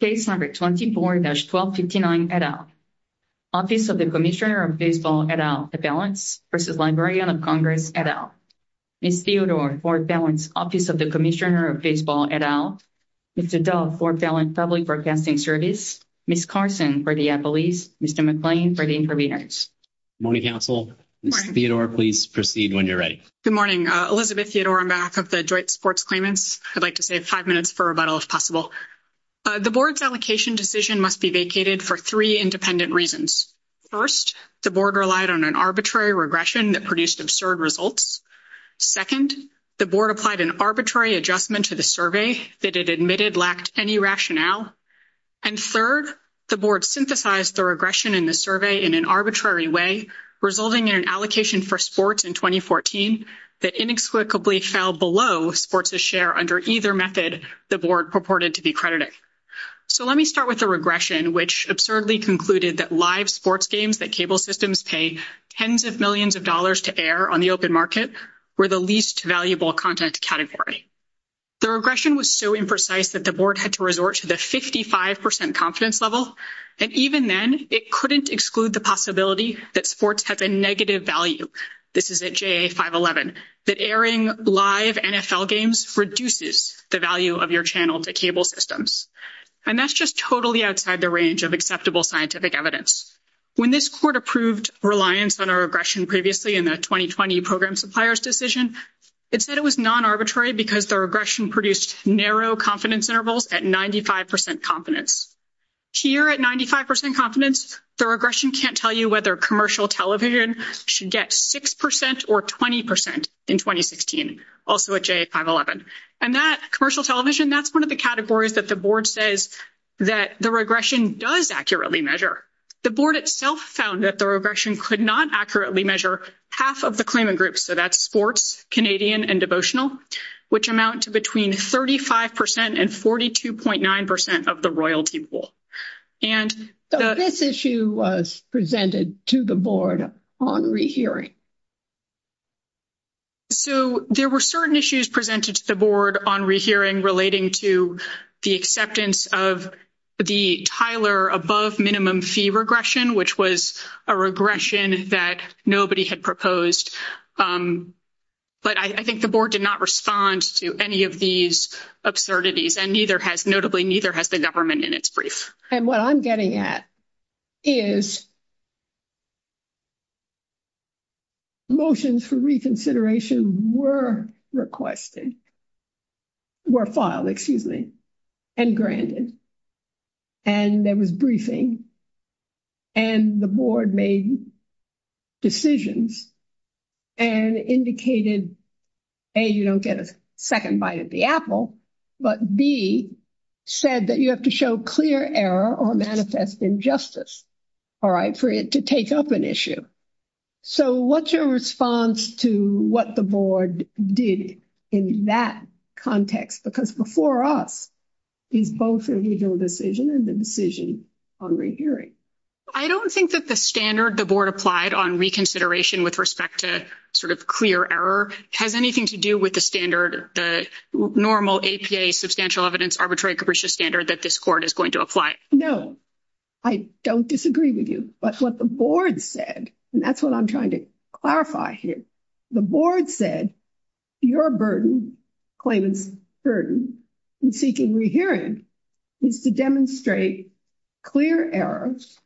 Page number 24-1259 et al. Office of the Commissioner of Baseball et al, the balance versus Librarian of Congress et al. Ms. Theodore Ford-Phelan, Office of the Commissioner of Baseball et al. Mr. Dell Ford-Phelan, Public Broadcasting Service. Ms. Carson for the Apple East. Mr. McClain for the Intermediates. Morning, Council. Ms. Theodore, please proceed when you're ready. Good morning. Elizabeth Theodore, on behalf of the Joint Sports Claimants, I'd like to save five minutes for rebuttal, if possible. The Board's allocation decision must be vacated for three independent reasons. First, the Board relied on an arbitrary regression that produced absurd results. Second, the Board applied an arbitrary adjustment to the survey that it admitted lacked any rationale. And third, the Board synthesized the regression in the survey in an arbitrary way, resulting in an allocation for sports in 2014 that inexplicably fell below sports' share under either method the Board purported to be crediting. So let me start with the regression, which absurdly concluded that live sports games that cable systems pay tens of millions of dollars to air on the open market were the least valuable content category. The regression was so imprecise that the Board had to resort to the 55% confidence level, and even then, it couldn't exclude the possibility that sports had a negative value. This is at JA 511, that airing live NFL games reduces the value of your channel to cable systems. And that's just totally outside the range of acceptable scientific evidence. When this court approved reliance on a regression previously in the 2020 program suppliers decision, it said it was non-arbitrary because the regression produced narrow confidence intervals at 95% confidence. Here, at 95% confidence, the regression can't tell you whether commercial television should get 6% or 20% in 2016, also at JA 511. And that commercial television, that's one of the categories that the Board says that the regression does accurately measure. The Board itself found that the regression could not accurately measure half of the claimant groups, so that's sports, Canadian, and devotional, which amount to between 35% and 42.9% of the royalty pool. And this issue was presented to the Board on rehearing. So there were certain issues presented to the Board on rehearing relating to the acceptance of the Tyler above minimum fee regression, which was a regression that nobody had proposed. But I think the Board did not respond to any of these absurdities and neither has, notably, neither has the And what I'm getting at is motions for reconsideration were requested, were filed, excuse me, and granted. And there was briefing and the Board made decisions and indicated, A, you second-bite at the apple, but B, said that you have to show clear error or manifest injustice, all right, for it to take up an issue. So what's your response to what the Board did in that context? Because before us is both a legal decision and the decision on rehearing. I don't think that the standard the Board applied on reconsideration with respect to sort of clear error has anything to do with the standard, the normal APA substantial evidence arbitrary capricious standard that this Court is going to apply. No, I don't disagree with you. That's what the Board said and that's what I'm trying to clarify here. The Board said your burden, claimant's burden, in seeking rehearance is to demonstrate clear errors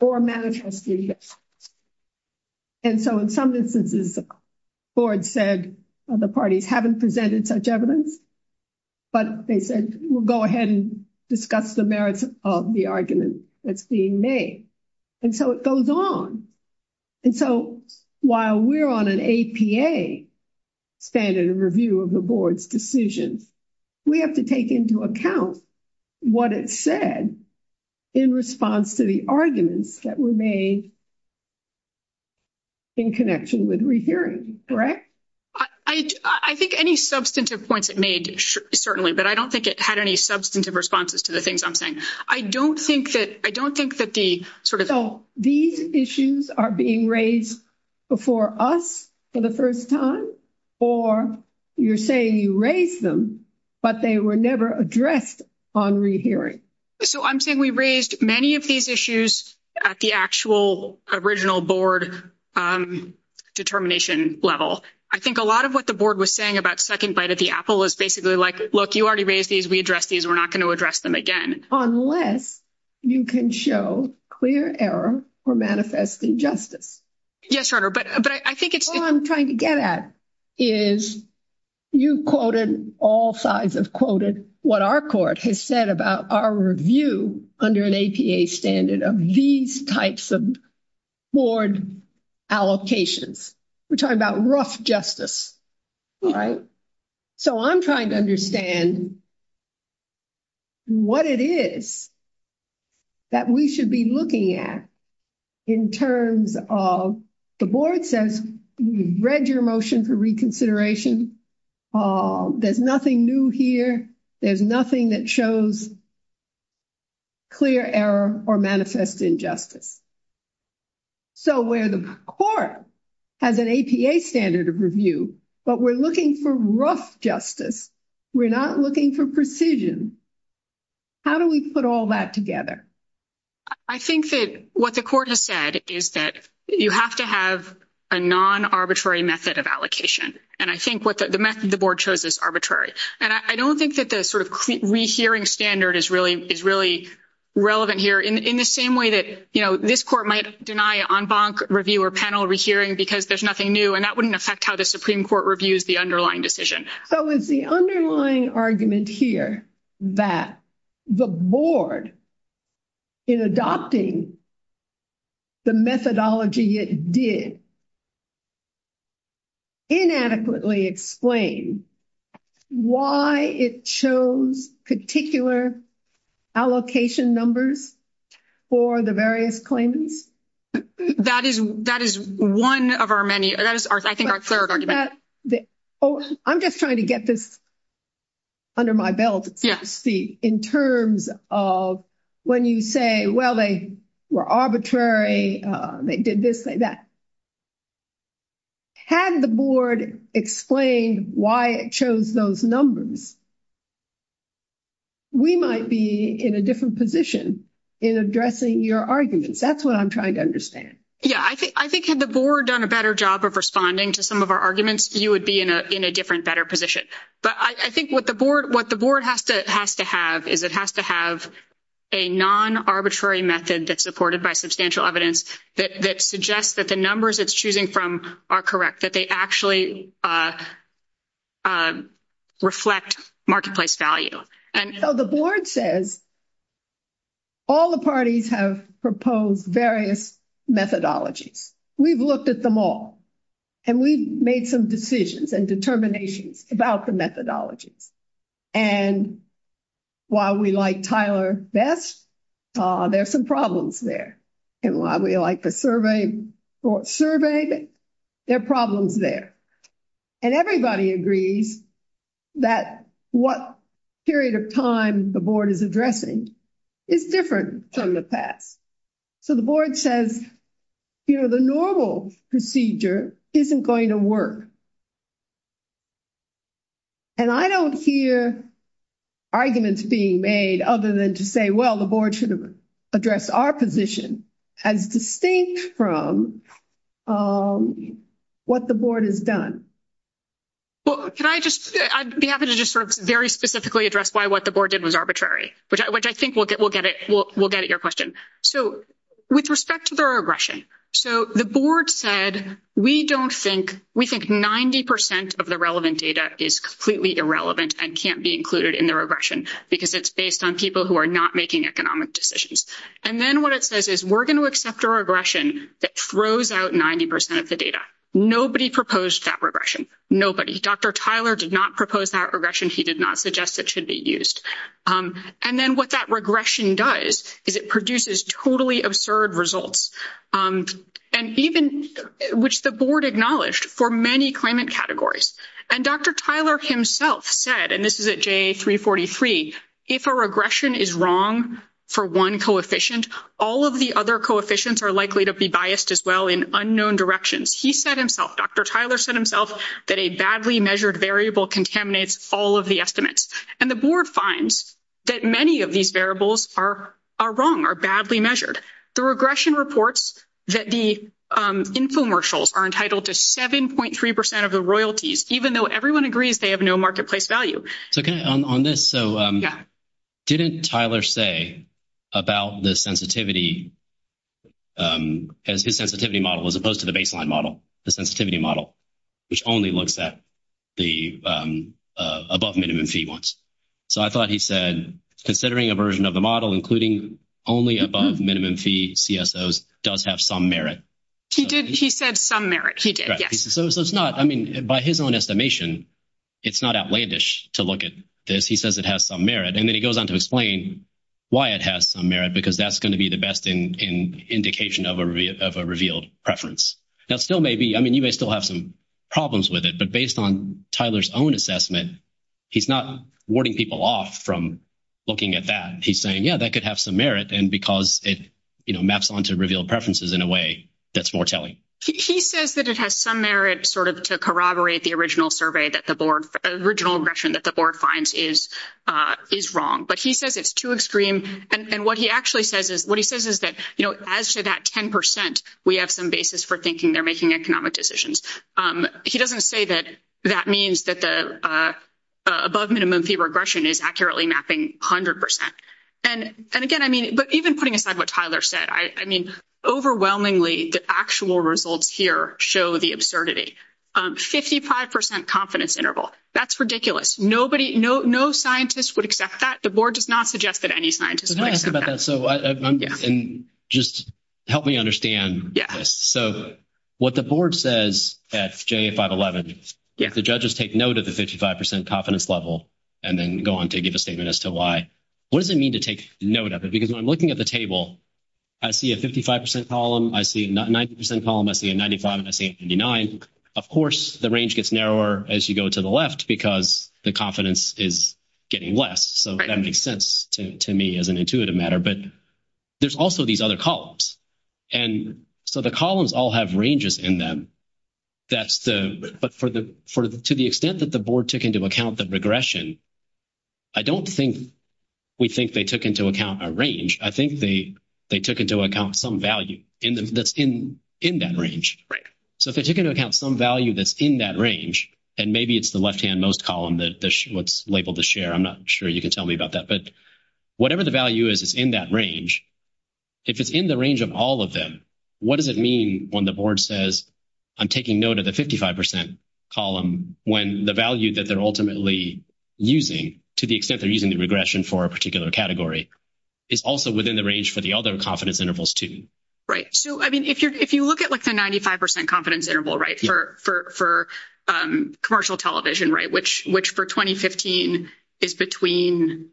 or manifest injustice. And so in some instances the Board said the parties haven't presented such evidence, but they said we'll go ahead and discuss the merits of the argument that's being made. And so it goes on. And so while we're on an APA standard review of the Board's decisions, we have to take into account what it said in response to the arguments that were made in connection with rehearing, correct? I think any substantive points it made, certainly, but I don't think it had any substantive responses to the things I'm saying. I don't think that, I don't think that the sort of... So these issues are being raised before us for the first time or you're saying you raised them, but they were never addressed on rehearing. So I'm saying we raised many of these issues at the actual original Board determination level. I think a lot of what the Board was saying about second bite of the apple is basically like, look, you already raised these, we address these, we're not going to address them again. Unless you can show clear error or manifest injustice. Yes, Your Honor, but I think it's... All I'm trying to get at is you quoted, all sides have quoted, what our court has said about our review under an APA standard of these types of Board allocations. We're talking about rough justice, right? So I'm trying to understand what it is that we should be looking at in terms of the Board says, we've read your motion for reconsideration, there's nothing new here, there's nothing that shows clear error or manifest injustice. So where the court has an APA standard of review, but we're looking for rough justice, we're not looking for precision. How do we put all that together? I think that what the court has said is that you have to have a non-arbitrary method of allocation. And I think what the method the Board chose is arbitrary. And I don't think that the sort of re-hearing standard is really relevant here in the same way that, you know, this court might deny en banc review or panel re-hearing because there's nothing new and that wouldn't affect how the Supreme Court reviews the underlying decision. So is the underlying argument here that the Board, in adopting the methodology it did, inadequately explain why it chose particular allocation numbers for the various claimants? That is one of our many, I think that is our third argument. I'm just trying to get this under my belt in terms of when you say, well, they were arbitrary, they did this, they did that. Had the Board explained why it chose those numbers, we might be in a different position in addressing your arguments. That's what I'm trying to understand. Yeah, I think had the Board done a different set of arguments, you would be in a different, better position. But I think what the Board has to have is it has to have a non-arbitrary method that's supported by substantial evidence that suggests that the numbers it's choosing from are correct, that they actually reflect marketplace value. And so the Board says all the parties have proposed various methodologies. We've looked at them all. And we've made some decisions and determinations about the methodology. And while we like Tyler best, there are some problems there. And while we like the survey, there are problems there. And everybody agrees that what period of time the Board is addressing is different from the past. So the Board says, you know, the normal procedure isn't going to work. And I don't hear arguments being made other than to say, well, the Board should address our position as distinct from what the Board has done. Well, can I just, I'd be happy to just sort of very specifically address why what the Board did was arbitrary, which I think we'll get, we'll get it, we'll get at your question. So with respect to the regression, so the Board said we don't think, we think 90% of the relevant data is completely irrelevant and can't be included in the regression because it's based on people who are not making economic decisions. And then what it says is we're going to accept a regression that throws out 90% of the data. Nobody proposed that regression. Nobody. Dr. Tyler did not propose that regression. He did not suggest it should be used. And then what that regression does is it produces totally absurd results. And even, which the Board acknowledged for many climate categories. And Dr. Tyler himself said, and this is at JA 343, if a regression is wrong for one coefficient, all of the other coefficients are likely to be biased as well in unknown directions. He said himself, Dr. Tyler said himself, that a badly measured variable contaminates all of the And the Board finds that many of these variables are wrong, are badly measured. The regression reports that the infomercials are entitled to 7.3% of the royalties, even though everyone agrees they have no marketplace value. Okay, on this, so didn't Tyler say about the sensitivity, his sensitivity model as opposed to the baseline model, the sensitivity model, which only looks at the above minimum fee ones? So I thought he said, considering a version of the model, including only above minimum fee CSOs does have some merit. He did. He said some merit. He did. So it's not, I mean, by his own estimation, it's not outlandish to look at this. He says it has some merit. And then he goes on to explain why it has some merit, because that's going to be the best in indication of a revealed preference. That still may be, I mean, you may still have some problems with it. But based on Tyler's own assessment, he's not warding people off from looking at that. He's saying, yeah, that could have some merit. And because it, you know, maps onto revealed preferences in a way that's more telling. He says that it has some merit sort of to corroborate the original survey that the Board, original regression that the Board finds is is wrong. But he says it's too extreme. And what he actually says is what he says is that, you know, as to that 10%, we have some basis for thinking they're making economic decisions. He doesn't say that that means that the above minimum fee regression is accurately mapping 100%. And again, I mean, but even putting aside what Tyler said, I mean, overwhelmingly, the actual results here show the absurdity. Fifty-five percent confidence interval. That's ridiculous. Nobody, no scientist would accept that. The Board does not suggest that any scientist would accept that. So just help me understand. So what the Board says at J511, if the judges take note of the 55 percent confidence level and then go on to give a statement as to why, what does it mean to take note of it? Because when I'm looking at the table, I see a 55 percent column, I see a 90 percent column, I see a 95, I see a 99. Of course, the range gets narrower as you go to the left because the confidence is getting less. So that makes sense to me as an intuitive matter. But there's also these other columns. And so the columns all have ranges in them. That's the, but for the, to the extent that the Board took into account the regression, I don't think we think they took into account a range. I think they took into account some value that's in that range. So if they took into account some value that's in that range, and maybe it's the left-hand most column that's labeled the share, I'm not sure you can tell me about that, but whatever the value is in that range, if it's in the range of all of them, what does it mean when the Board says, I'm taking note of the 55 percent column, when the value that they're ultimately using, to the extent they're using the regression for a particular category, is also within the range for the other confidence intervals too. Right. So, I mean, if you look at like the 95 percent confidence interval, right, for commercial television, right, which for 2015 is between,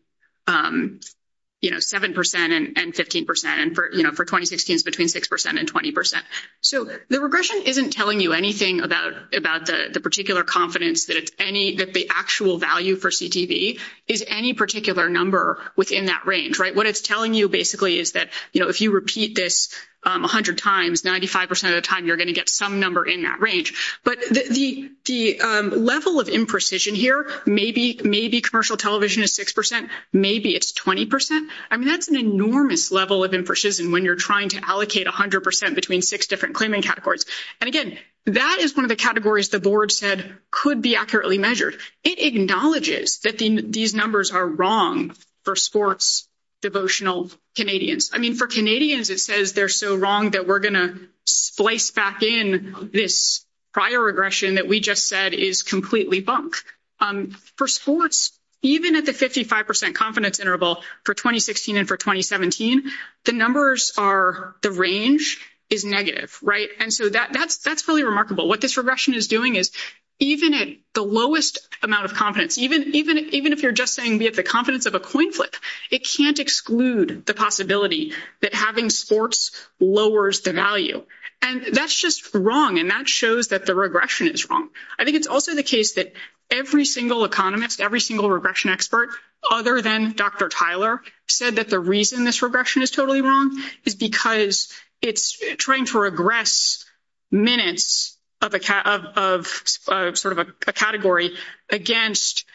you know, 7 percent and 15 percent, and for, you know, for 2016, it's between 6 percent and 20 percent. So the regression isn't telling you anything about the particular confidence that it's any, that the actual value for CTV is any particular number within that range, right? What it's telling you basically is that, you know, if you repeat this 100 times, 95 percent of the time, you're going to get some number in that range. But the level of imprecision here, maybe, maybe commercial television is 6 percent, maybe it's 20 percent. I mean, that's an enormous level of imprecision when you're trying to allocate 100 percent between six different claiming categories. And again, that is one of the categories the Board said could be accurately measured. It acknowledges that these numbers are wrong for sports devotional Canadians. I mean, for Canadians, it says they're so wrong that we're going to splice back in this prior regression that we just said is completely bunk for sports. Even at the 55 percent confidence interval for 2016 and for 2017, the numbers are the range is negative. Right. And so that's really remarkable. What this regression is doing is even at the lowest amount of confidence, even if you're just saying the confidence of a coin flip, it can't exclude the possibility that having sports lowers the value. And that's just wrong. And that shows that the regression is wrong. I think it's also the case that every single economist, every single regression expert other than Dr. Tyler said that the reason this regression is totally wrong is because it's trying to regress minutes of sort of a category against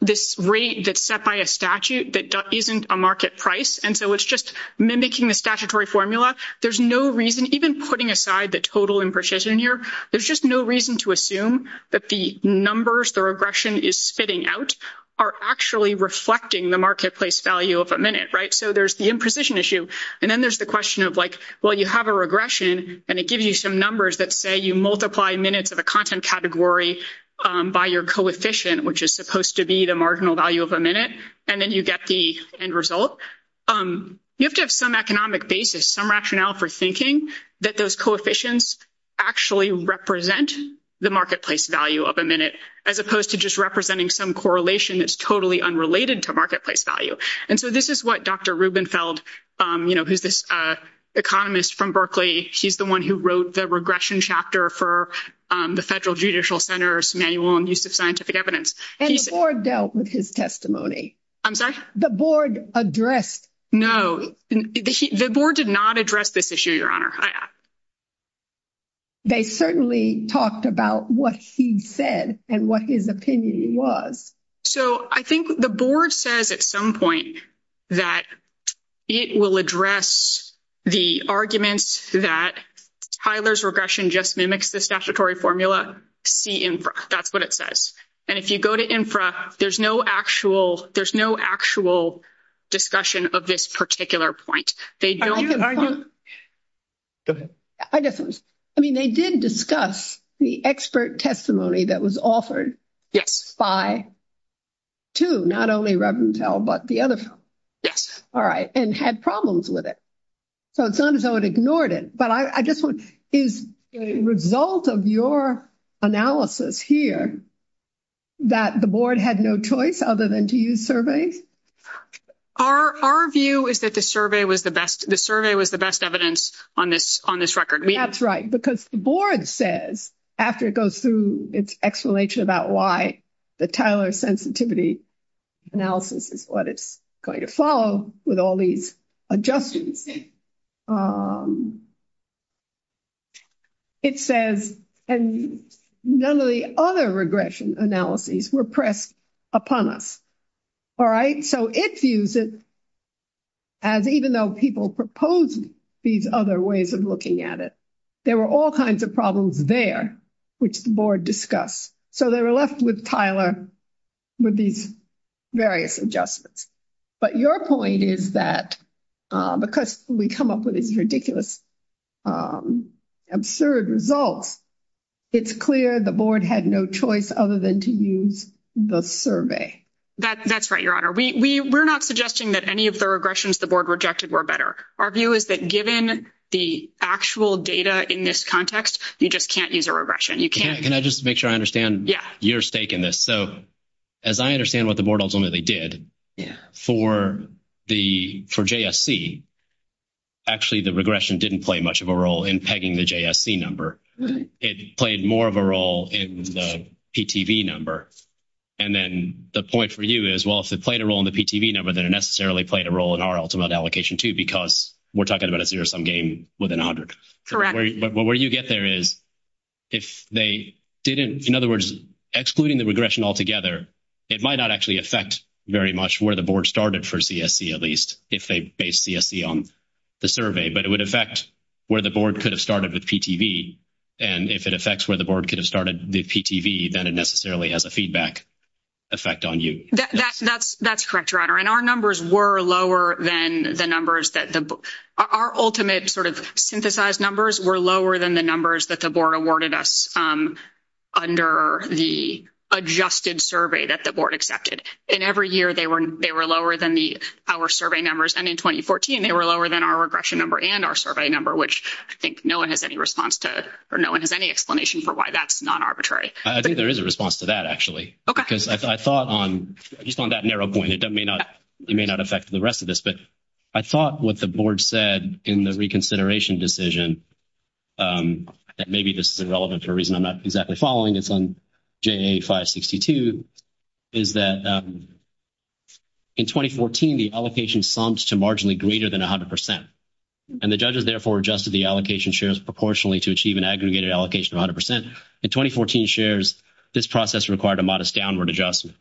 this rate that's set by a statute that isn't a market price. And so it's just mimicking the statutory formula. There's no reason, even putting aside the total imprecision here, there's just no reason to assume that the numbers, the regression is spitting out are actually reflecting the marketplace value of a minute. Right. So there's the imprecision issue. And then there's the question of like, well, you have a regression and it gives you some numbers that say you multiply minutes of a content category by your coefficient, which is supposed to be the marginal value of a minute. And then you get the end result. You have to have some economic basis, some rationale for thinking that those coefficients actually represent the marketplace value of a minute, as opposed to just representing some correlation that's totally unrelated to marketplace value. And so this is what Dr. Rubenfeld, you know, who's this economist from Berkeley, he's the one who wrote the regression chapter for the Federal Judicial Center's manual on use of scientific evidence. And the board dealt with his testimony. I'm sorry? The board addressed. No, the board did not address this issue, Your Honor. They certainly talked about what he said and what his opinion was. So I think the board says at some point that it will address the arguments that Heiler's regression just mimics the statutory formula. See, that's what it says. And if you go to Infra, there's no actual there's no actual discussion of this particular point. They don't. I mean, they did discuss the expert testimony that was authored by two, not only Rubenfeld, but the other. Yes. All right. And had problems with it. So it's not as though it ignored it, but I just want is a result of your analysis here that the board had no choice other than to use surveys. Our view is that the survey was the best the survey was the best evidence on this on this record. That's right. Because the board says after it goes through its explanation about why the Tyler sensitivity analysis is what it's going to follow with all these adjustments, it says and none of the other regression analyses were pressed upon us. All right. So it's used as even though people propose these other ways of looking at it, there were all kinds of problems there, which the board discussed. So they were left with Tyler with these various adjustments. But your point is that because we come up with a ridiculous, absurd result, it's clear the board had no choice other than to use the survey. That's right, Your Honor. We were not suggesting that any of the regressions the board rejected were better. Our view is that given the actual data in this context, you just can't use a regression. You can't. Can I just make sure I understand your stake in this? So as I understand what the board ultimately did for the for JSC, actually, the regression didn't play much of a role in pegging the JSC number. It played more of a role in the PTV number. And then the point for you is, well, if it played a role in the PTV number, they necessarily played a role in our ultimate allocation, too, because we're talking about a zero sum game with an odd. Correct. But where you get there is if they didn't, in other words, excluding the regression altogether, it might not actually affect very much where the board started for CSC, at least if they base CSC on the survey. But it would affect where the board could have started with PTV. And if it affects where the board could have started with PTV, then it necessarily has a feedback effect on you. That's correct, Your Honor. And our numbers were lower than the numbers that the our ultimate sort of synthesized numbers were lower than the numbers that the board awarded us under the adjusted survey that the board accepted. And every year they were they were lower than the our survey numbers. And in 2014, they were lower than our regression number and our survey number, which I think no one has any response to or no one has any explanation for why that's not arbitrary. I think there is a response to that, actually, because I thought on just on that narrow point, it may not it may not affect the rest of this. But I thought what the board said in the reconsideration decision, that maybe this is irrelevant for a reason I'm not exactly following, it's on J.A. 562, is that in 2014, the allocation slumps to marginally greater than 100 percent and the judges therefore adjusted the allocation shares proportionally to achieve an aggregated allocation of 100 percent. The 2014 shares, this process required a modest downward adjustment.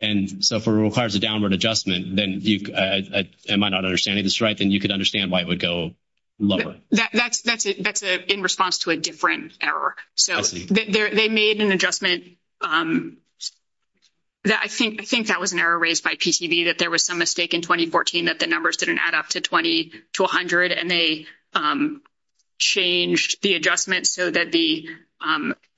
And so for requires a downward adjustment, then you might not understand the strike and you could understand why it would go lower. That's in response to a different error. So they made an adjustment that I think I think that was an error raised by PTV, that there was some mistake in 2014 that the numbers didn't add up to 20 to 100. And they changed the adjustment so that the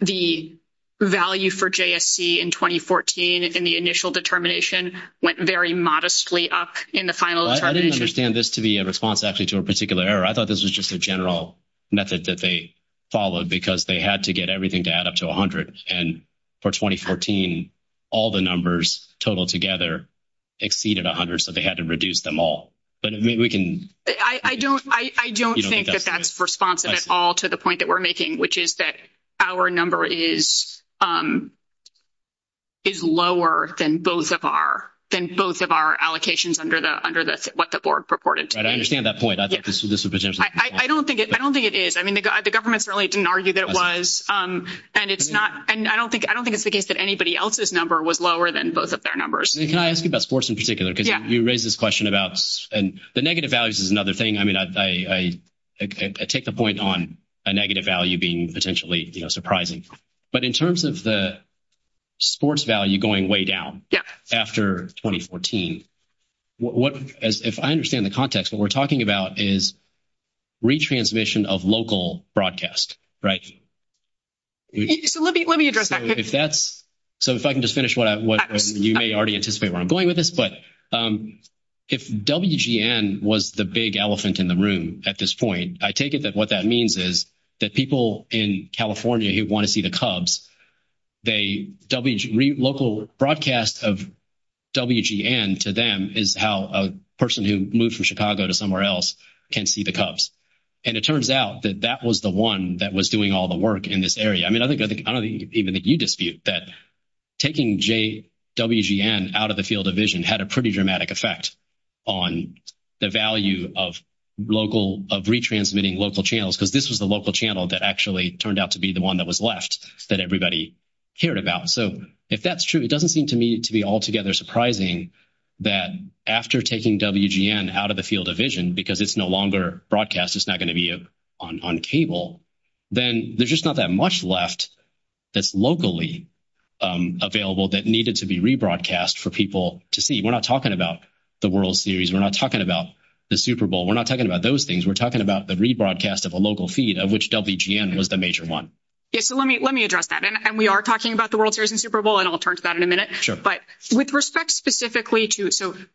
the value for JSC in 2014 in the initial determination went very modestly up in the final. I didn't understand this to be a response actually to a particular error. I thought this was just a general method that they followed because they had to get everything to add up to 100. And for 2014, all the numbers totaled together exceeded 100. So they had to reduce them all. But I mean, we can I don't, I don't think that that's responsive at all to the point that we're making, which is that our number is is lower than both of our than both of our allocations under the under the what the board purported. But I understand that point. I think this is I don't think I don't think it is. I mean, the government really didn't argue that was and it's not and I don't think I don't think it's the case that anybody else's number was lower than both of their I ask you about sports in particular because you raised this question about and the negative values is another thing. I mean, I take the point on a negative value being potentially surprising. But in terms of the sports value going way down after 2014, what as if I understand the context, what we're talking about is retransmission of local broadcast, right? Let me let me address that. If that's so, if I can just finish what you may already anticipate where I'm going with this, but if WGN was the big elephant in the room at this point, I take it that what that means is that people in California who want to see the Cubs, they WGN local broadcast of WGN to them is how a person who moved from Chicago to somewhere else can see the Cubs. And it turns out that that was the one that was doing all the work in this area. I mean, I think I don't even think you dispute that taking J WGN out of the field of vision had a pretty dramatic effect on the value of local of retransmitting local channels, because this was the local channel that actually turned out to be the one that was left that everybody cared about. So if that's true, it doesn't seem to me to be altogether surprising that after taking WGN out of the field of vision, because it's no longer broadcast, it's not going to be on cable, then there's just not that much left that's locally available that needed to be rebroadcast for people to see. We're not talking about the World Series. We're not talking about the Super Bowl. We're not talking about those things. We're talking about the rebroadcast of a local feed of which WGN was the major one. Yes. So let me let me address that. And we are talking about the World Series and Super Bowl and I'll turn to that in a minute. But with respect specifically to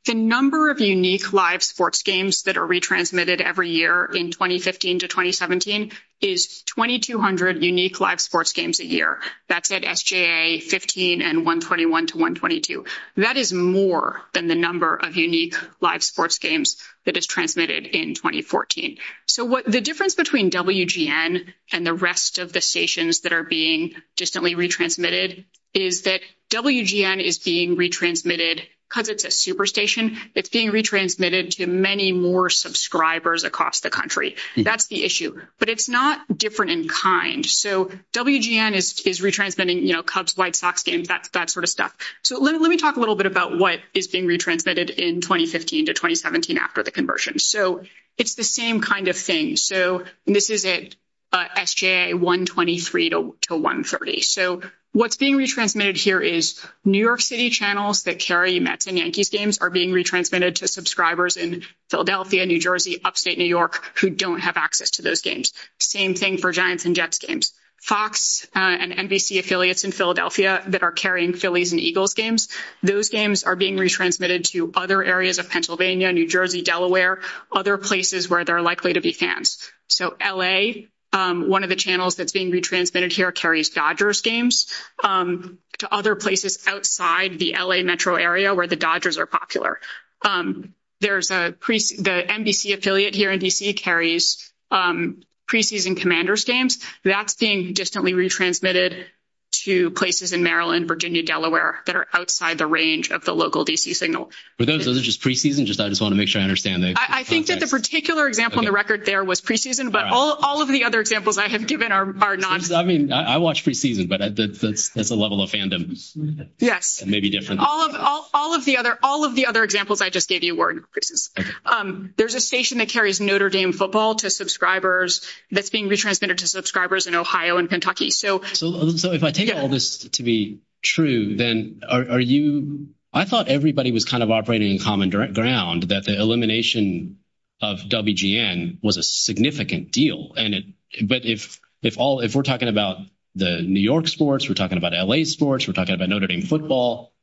the number of unique live sports games that are transmitted every year in 2015 to 2017 is 2200 unique live sports games a year. That's at SGA 15 and 121 to 122. That is more than the number of unique live sports games that is transmitted in 2014. So what the difference between WGN and the rest of the stations that are being distantly retransmitted is that WGN is being retransmitted because it's a superstation that's being retransmitted to many more subscribers across the country. That's the issue. But it's not different in kind. So WGN is retransmitting, you know, Cubs, White Sox games, that sort of stuff. So let me talk a little bit about what is being retransmitted in 2015 to 2017 after the conversion. So it's the same kind of thing. So this is at SGA 123 to 130. So what's being retransmitted here is New York City channels that carry Mets and Yankees games are being retransmitted to subscribers in Philadelphia, New Jersey, upstate New York, who don't have access to those games. Same thing for Giants and Jets games. Fox and NBC affiliates in Philadelphia that are carrying Phillies and Eagles games. Those games are being retransmitted to other areas of Pennsylvania, New Jersey, Delaware, other places where they're likely to be fans. So L.A., one of the channels that's being retransmitted here carries Dodgers games to other places outside the L.A. metro area where the Dodgers are popular. There's a NBC affiliate here in D.C. carries preseason Commanders games. That's being distantly retransmitted to places in Maryland, Virginia, Delaware that are outside the range of the local D.C. signal. Are those just preseason? Just I just want to make sure I understand. I think that the particular example on the record there was preseason, but all of the other examples I have given are not. I mean, I watch preseason, but that's a level of fandom. Yes. Maybe different. All of all of the other all of the other examples I just gave you weren't. There's a station that carries Notre Dame football to subscribers that's being retransmitted to subscribers in Ohio and Kentucky. So so if I take all this to be true, then are you I thought everybody was kind of operating in common ground that the elimination of WGN was a significant deal. And but if if all if we're talking about the New York sports, we're talking about L.A. sports, we're talking about Notre Dame football,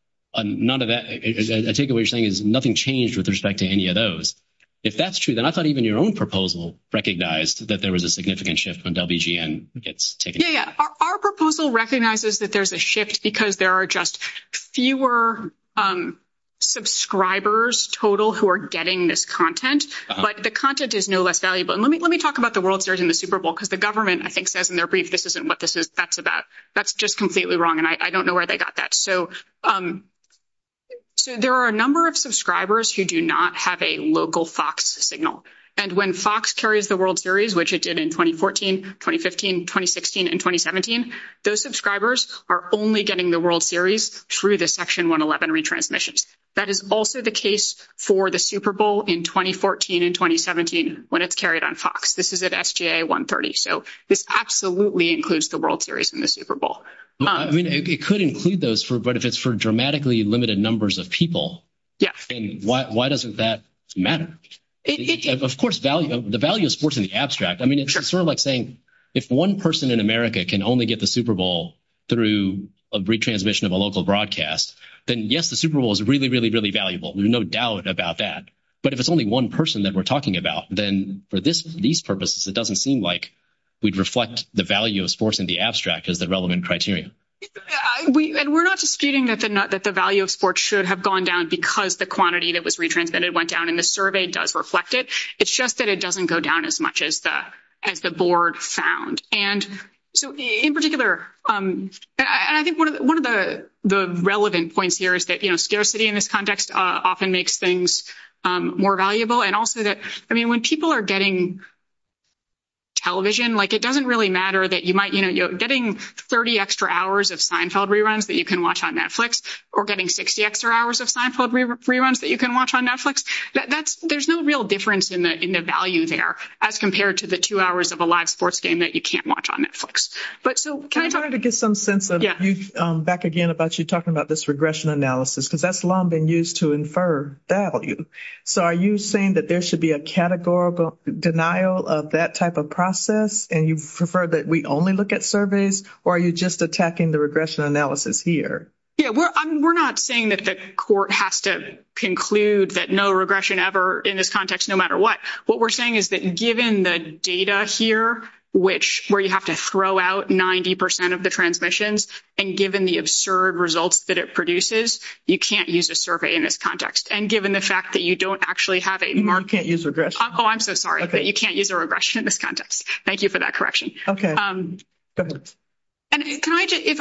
none of that is I think what you're saying is nothing changed with respect to any of those. If that's true, then I thought even your own proposal recognized that there was a significant shift from WGN. It's our proposal recognizes that there's a shift because there are just fewer subscribers total who are getting this content. But the content is no less valuable. And let me let me talk about the World Series in the Super Bowl, because the government, I think, says in their brief, this isn't what this is. That's about that's just completely wrong. And I don't know where they got that. So there are a number of subscribers who do not have a local Fox signal. And when Fox carries the World Series, which it did in 2014, 2015, 2016 and 2017, those subscribers are only getting the World Series through the Section 111 retransmissions. That is also the case for the Super Bowl in 2014 and 2017 when it's carried on Fox. This is at SGA 130. So this absolutely includes the World Series in the Super Bowl. I mean, it could include those four, but if it's for dramatically limited numbers of people. Yeah. And why doesn't that matter? Of course, the value of sports in the abstract. I mean, it's sort of like saying if one person in America can only get the Super Bowl through a retransmission of a local broadcast, then, yes, the Super Bowl is really, really, really valuable. No doubt about that. But if it's only one person that we're talking about, then for these purposes, it doesn't seem like we'd reflect the value of sports in the abstract as the relevant criteria. We're not disputing that the value of sports should have gone down because the quantity that was retransmitted went down in the survey does reflect it. It's just that it doesn't go down as much as that as the board found. And so in particular, I think one of the relevant points here is that, you know, it makes things more valuable. And also that, I mean, when people are getting television, like it doesn't really matter that you might, you know, getting 30 extra hours of Seinfeld reruns that you can watch on Netflix or getting 60 extra hours of Seinfeld reruns that you can watch on Netflix. That's there's no real difference in the value there as compared to the two hours of a live sports game that you can't watch on Netflix. But so can I try to get some sense of you back again about you talking about this regression analysis, because that's long been used to infer value. So are you saying that there should be a categorical denial of that type of process and you prefer that we only look at surveys or are you just attacking the regression analysis here? Yeah, we're not saying that the court has to conclude that no regression ever in this context, no matter what, what we're saying is that given the data here, which where you have to throw out 90 percent of the transmissions and given the absurd results that it produces, you can't use a survey in this context. And given the fact that you don't actually have a mark. Can't use regression. Oh, I'm so sorry. You can't use a regression in this context. Thank you for that correction. OK. And if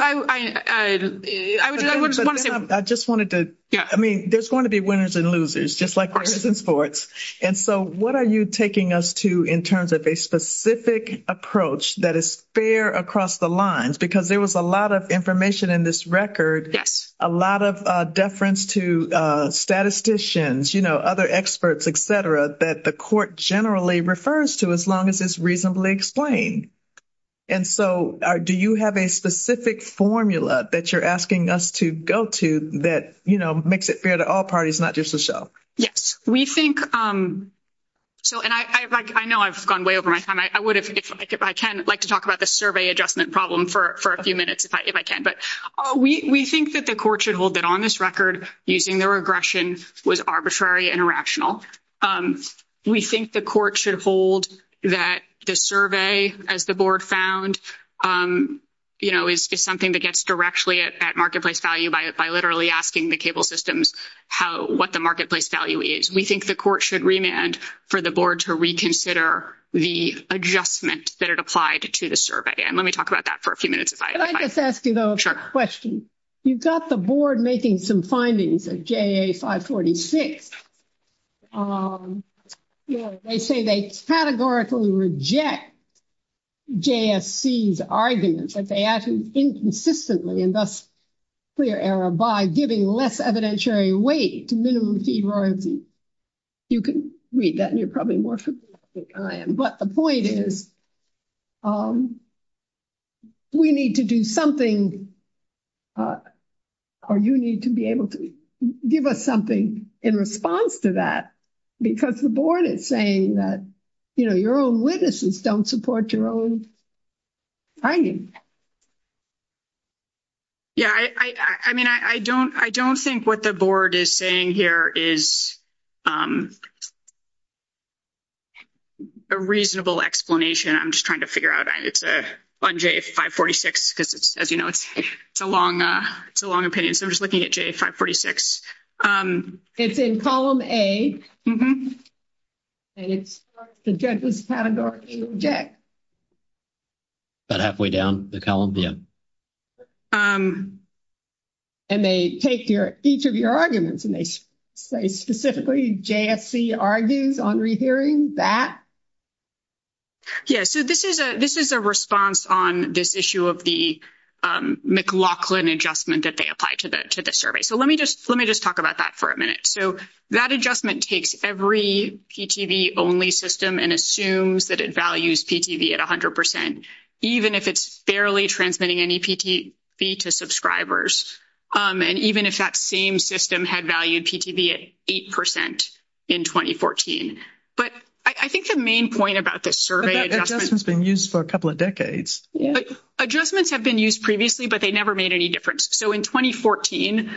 I just wanted to I mean, there's going to be winners and losers just like winners in sports. And so what are you taking us to in terms of a specific approach that is fair across the lines, because there was a lot of information in this record, a lot of deference to statisticians, you know, other experts, et cetera, that the court generally refers to as long as it's reasonably explained. And so do you have a specific formula that you're asking us to go to that, you know, makes it fair to all parties, not just the show? Yes, we think so. And I know I've gone way over my time. I would like to talk about the survey adjustment problem for a few minutes if I can. But we think that the court should hold that on this record, using the regression was arbitrary and irrational. We think the court should hold that the survey, as the board found, you know, is something that gets directly at marketplace value by literally asking the cable systems how what the marketplace value is. We think the court should remand for the board to reconsider the adjustment that it applied to the survey. And let me talk about that for a few minutes. Can I just ask you a question? You've got the board making some findings of J.A. 546. They say they categorically reject JSC's argument that they asked inconsistently and thus clear error by giving less evidentiary weight to minimum seed royalty. You can read that and you're probably more sophisticated than I am. But the point is, we need to do something or you need to be able to give us something in response to that because the board is saying that, you know, your own witnesses don't support your own findings. Yeah, I mean, I don't I don't think what the board is saying here is a reasonable explanation. I'm just trying to figure out on J.A. 546, because, as you know, it's a long, long opinion. So I'm just looking at J.A. 546. It's in column A and it's the judges categorically reject. About halfway down the column, yeah. And they take your each of your arguments and they say specifically JSC argues on re-hearing that. Yes, this is a this is a response on this issue of the McLaughlin adjustment that they applied to the to the survey. So let me just let me just talk about that for a minute. So that adjustment takes every PTV only system and assumes that it values PTV at 100 percent, even if it's barely transmitting any PTV to subscribers and even if that same system had valued PTV at 8 percent in 2014. But I think the main point about this survey has been used for a couple of decades. Adjustments have been used previously, but they never made any difference. So in 2014,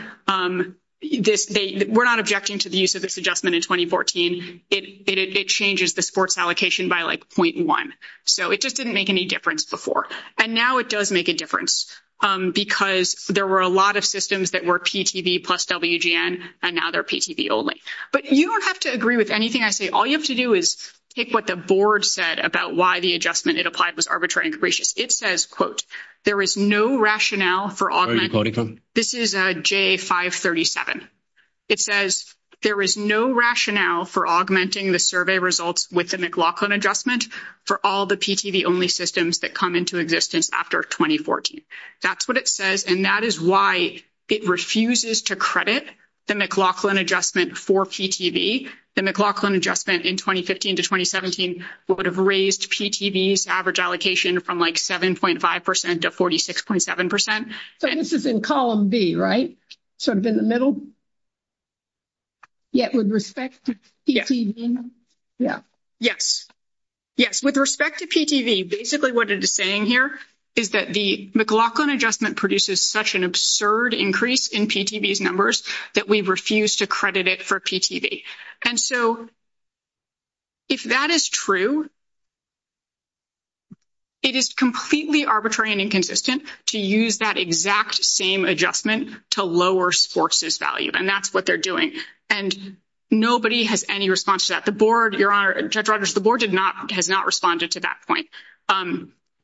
this we're not objecting to the use of this adjustment in 2014. It changes the sports allocation by like point one. So it just didn't make any difference before. And now it does make a difference because there were a lot of systems that were PTV plus WGN and now they're PTV only. But you don't have to agree with anything I say. All you have to do is take what the board said about why the adjustment it applied was arbitrary and gracious. It says, quote, there is no rationale for all. This is a J537. It says there is no rationale for augmenting the survey results with the McLaughlin adjustment for all the PTV only systems that come into existence after 2014. That's what it says. And that is why it refuses to credit the McLaughlin adjustment for PTV. The McLaughlin adjustment in 2015 to 2017 would have raised PTV's average allocation from like 7.5 percent to 46.7 percent. So this is in column B, right? So I'm in the middle. Yet with respect to PTV, yeah, yes. Yes, with respect to PTV, basically what it is saying here is that the McLaughlin adjustment produces such an absurd increase in PTV's numbers that we've refused to credit it for PTV. And so. If that is true. It is completely arbitrary and inconsistent to use that exact same adjustment to lower sports' value, and that's what they're doing and nobody has any response to that. Your Honor, Judge Rogers, the board has not responded to that point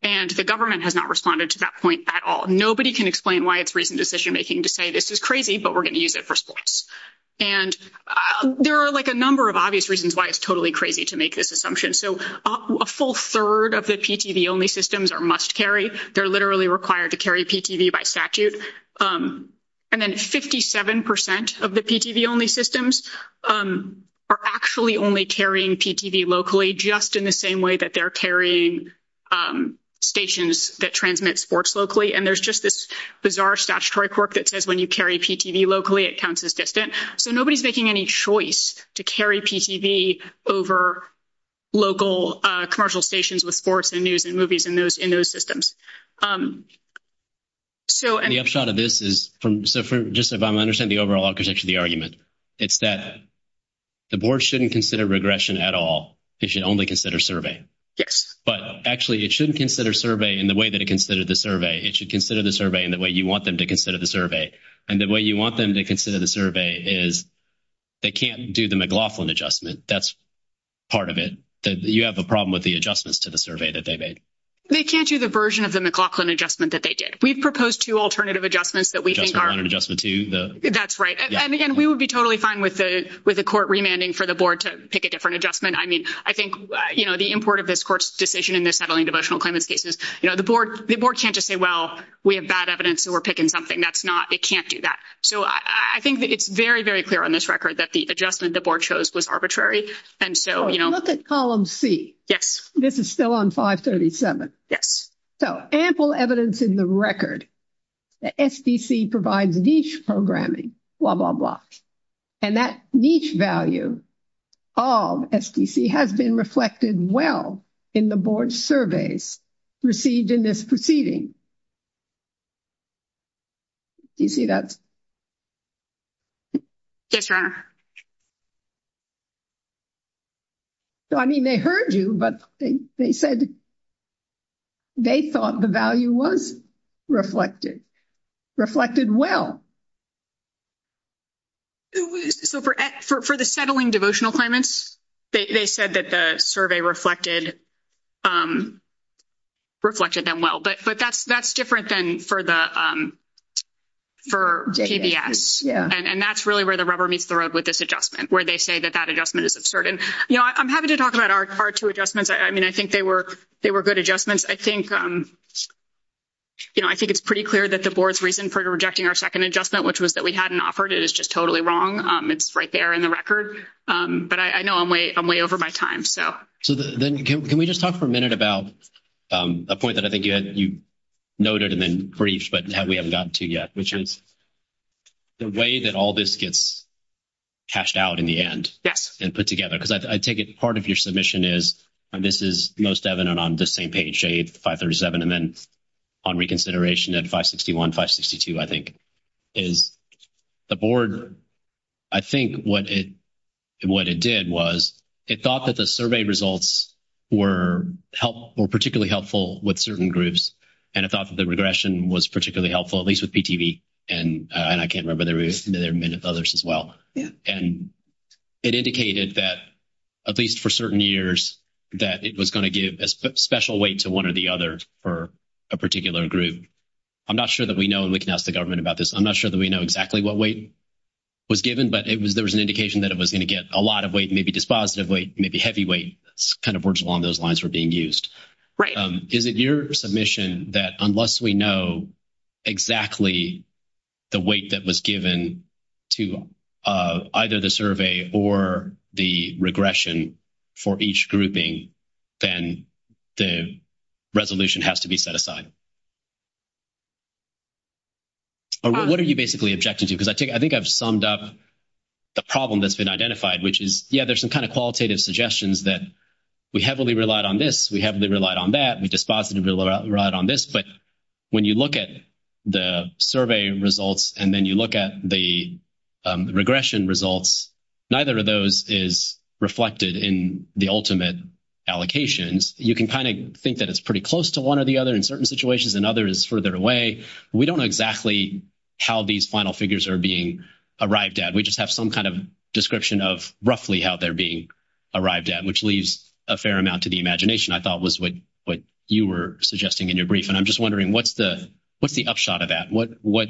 and the government has not responded to that point at all. Nobody can explain why it's recent decision making to say this is crazy, but we're going to use it for sports. And there are like a number of obvious reasons why it's totally crazy to make this assumption. So a full third of the PTV only systems are must carry. They're literally required to carry PTV by statute. And then 57 percent of the PTV only systems are actually only carrying PTV locally, just in the same way that they're carrying stations that transmit sports locally. And there's just this bizarre statutory quirk that says when you carry PTV locally, it counts as distant. So nobody's making any choice to carry PTV over local commercial stations with sports and news and movies in those in those systems. The upshot of this is, just if I'm understanding the overall architecture of the argument, it's that the board shouldn't consider regression at all. It should only consider survey. Yes. But actually, it shouldn't consider survey in the way that it considered the survey. It should consider the survey in the way you want them to consider the survey. And the way you want them to consider the survey is they can't do the McLaughlin adjustment. That's part of it. You have a problem with the adjustments to the survey that they made. They can't do the version of the McLaughlin adjustment that they did. We've proposed two alternative adjustments that we think are an adjustment to. That's right. And again, we would be totally fine with the court remanding for the board to pick a different adjustment. I mean, I think, you know, the import of this court's decision in this settling devotional claimant cases, you know, the board can't just say, well, we have bad evidence that we're picking something that's not. It can't do that. So I think it's very, very clear on this record that the adjustment the board chose was arbitrary. And so, you know, look at column C. Yes. This is still on 537. Yes. So ample evidence in the record. The SBC provides niche programming. Blah, blah, blah. And that niche value of SBC has been reflected well in the board surveys received in this proceeding. You see that? Yes, Your Honor. So, I mean, they heard you, but they said they thought the value was reflected. Reflected well. So for the settling devotional claimants, they said that the survey reflected them well, but that's different than for the for JDS. And that's really where the rubber meets the road with this adjustment, where they say that that adjustment is absurd. And, you know, I'm happy to talk about our two adjustments. I mean, I think they were they were good adjustments. I think, you know, I think it's pretty clear that the board's reason for rejecting our second adjustment, which was that we hadn't offered, is just totally wrong. It's right there in the record. But I know I'm way over my time. So. So then can we just talk for a minute about a point that I think you noted and then briefed, but we haven't gotten to yet, which is the way that all this gets hashed out in the end and put together, because I think it's part of your submission is and this is most evident on the same page, 537, and then on reconsideration at 561, 562, I think is the board. I think what it what it did was it thought that the survey results were help or particularly helpful with certain groups. And I thought that the regression was particularly helpful, at least with PTV. And I can't remember the reason there are many others as well. And it indicated that at least for certain years that it was going to give a special weight to one or the other for a particular group. I'm not sure that we know. And we can ask the government about this. I'm not sure that we know exactly what weight was given, but there was an indication that it was going to get a lot of weight, maybe dispositive weight, maybe heavy weight kind of words along those lines were being used. Is it your submission that unless we know exactly the weight that was given to either the survey or the regression for each grouping, then the resolution has to be set aside? But what are you basically objecting to? Because I think I think I've summed up the problem that's been identified, which is, yeah, there's some kind of qualitative suggestions that we heavily relied on this. We haven't relied on that. We dispositively relied on this. But when you look at the survey results and then you look at the regression results, neither of those is reflected in the ultimate allocations. You can kind of think that it's pretty close to one or the other in certain situations and others further away. We don't know exactly how these final figures are being arrived at. We just have some kind of description of roughly how they're being arrived at, which leaves a fair amount to the imagination, I thought was what you were suggesting in your brief. And I'm just wondering, what's the what's the upshot of that? What what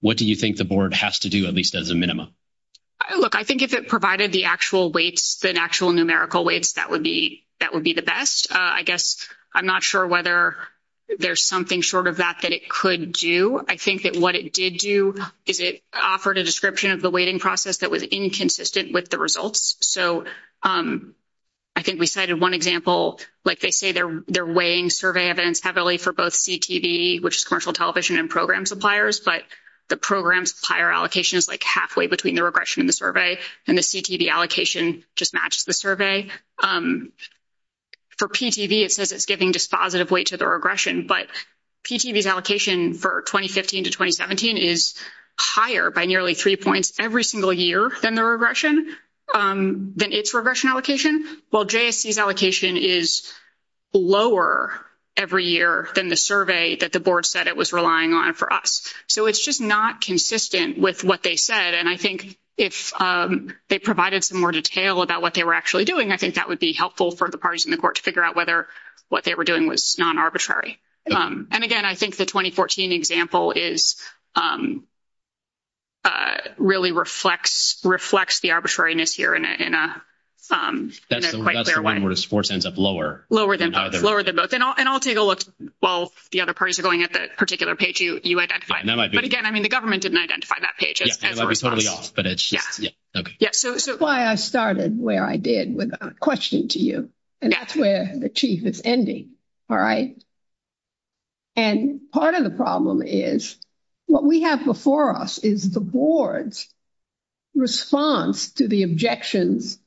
what do you think the board has to do, at least as a minimum? Look, I think if it provided the actual weights, the actual numerical weights, that would be that would be the best. I guess I'm not sure whether there's something short of that that it could do. I think that what it did do is it offered a description of the weighting process that was inconsistent with the results. So I think we cited one example, like they say, they're they're weighing survey events heavily for both CTV, which is commercial television and program suppliers. But the program supplier allocation is like halfway between the regression and the survey. And the CTV allocation just matched the survey. For PTV, it says it's giving just positive weight to the regression, but PTV's allocation for 2015 to 2017 is higher by nearly three points every single year than the regression, than its regression allocation. Well, JSC's allocation is lower every year than the survey that the board said it was relying on for us. So it's just not consistent with what they said. And I think if they provided some more detail about what they were actually doing, I think that would be helpful for the parties in the court to figure out whether what they were doing was non-arbitrary. And again, I think the 2014 example is really reflects reflects the arbitrariness here in a quite clear way. That's the one where the support ends up lower. Lower than both. And I'll take a look while the other parties are going at that particular page you identified. But again, I mean, the government didn't identify that page. Yeah, that'd be totally off. But it's, yeah, yeah. So that's why I started where I did with a question to you. And that's where the Chief is ending. All right. And part of the problem is what we have before us is the board's response to the objections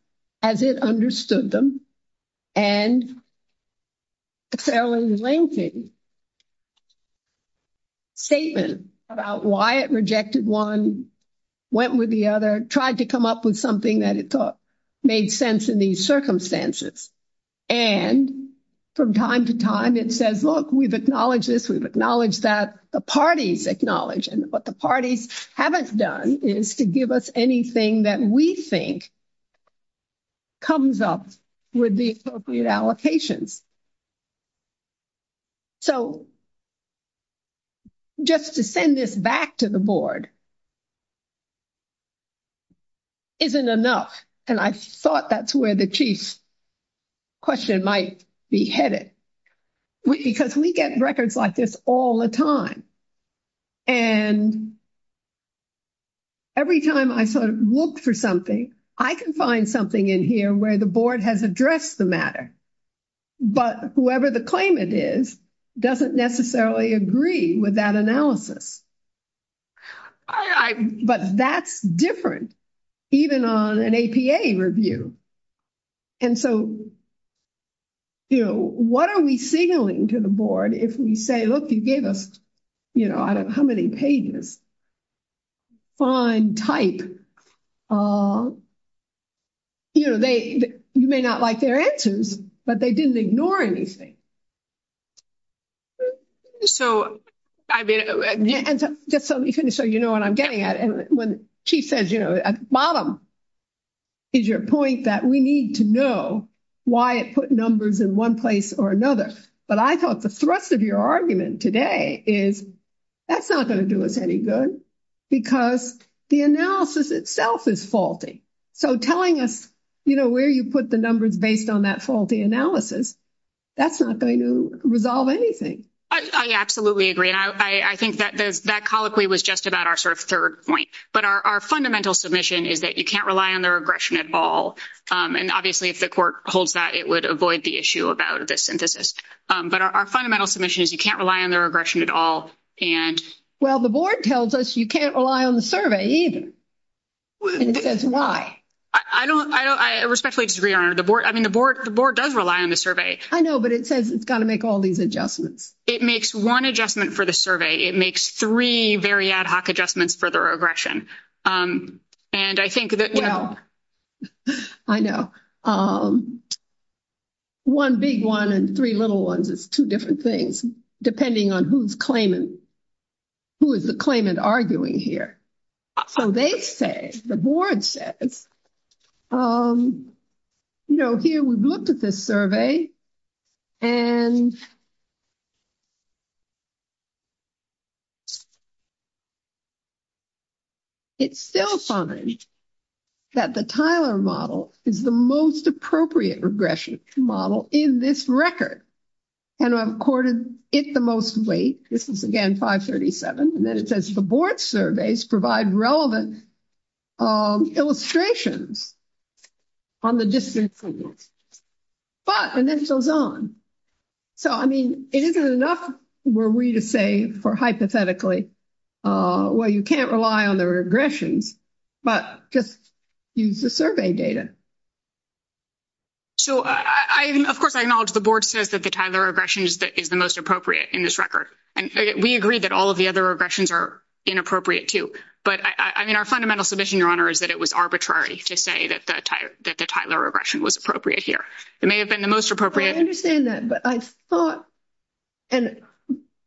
as it understood them and a fairly lengthy statement about why it rejected one, went with the other, tried to come up with something that it thought made sense in these circumstances. And from time to time, it says, look, we've acknowledged this, we've acknowledged that, the parties acknowledge. And what the parties haven't done is to give us anything that we think comes up with the appropriate allocations. So just to send this back to the board isn't enough. And I thought that's where the Chief's question might be headed. Because we get records like this all the time. And every time I sort of look for something, I can find something in here where the board has addressed the matter. But whoever the claimant is doesn't necessarily agree with that analysis. But that's different, even on an APA review. And so, you know, what are we signaling to the board if we say, look, you gave us, you know, I don't know how many pages on type, you know, they may not like their answers, but they didn't ignore anything. So, I mean, and just so you know what I'm getting at, and when Chief says, you know, at the bottom is your point that we need to know why it put numbers in one place or another. But I thought the thrust of your argument today is that's not going to do us any good because the analysis itself is faulty. So telling us, you know, where you put the numbers based on that faulty analysis, that's not going to resolve anything. I absolutely agree. I think that that colloquy was just about our sort of third point. But our fundamental submission is that you can't rely on the regression at all. And obviously, if the court holds that, it would avoid the issue about the synthesis. But our fundamental submission is you can't rely on the regression at all. And well, the board tells us you can't rely on the survey even. And that's why. I respectfully disagree, Your Honor. The board, I mean, the board does rely on the survey. I know, but it says it's got to make all these adjustments. It makes one adjustment for the survey. It makes three very ad hoc adjustments for the regression. And I think that, you know. I know. One big one and three little ones is two different things, depending on who's claiming, who is the claimant arguing here. So they say, the board says, you know, here we've looked at this survey. And it still finds that the Tyler model is the most appropriate regression model in this record. And I've recorded it the most late. This is, again, 537. And then it says, the board surveys provide relevant illustrations on the distant claimant. But, and then it goes on. So, I mean, isn't it enough for me to say, or hypothetically, well you can't rely on the regressions, but just use the survey data? So I, of course, I acknowledge the board says that the Tyler regression is the most appropriate in this record. And we agree that all of the other regressions are inappropriate, too. But, I mean, our fundamental submission, Your Honor, is that it was arbitrary to say that the Tyler regression was appropriate here. It may have been the most appropriate. I understand that. But I thought, and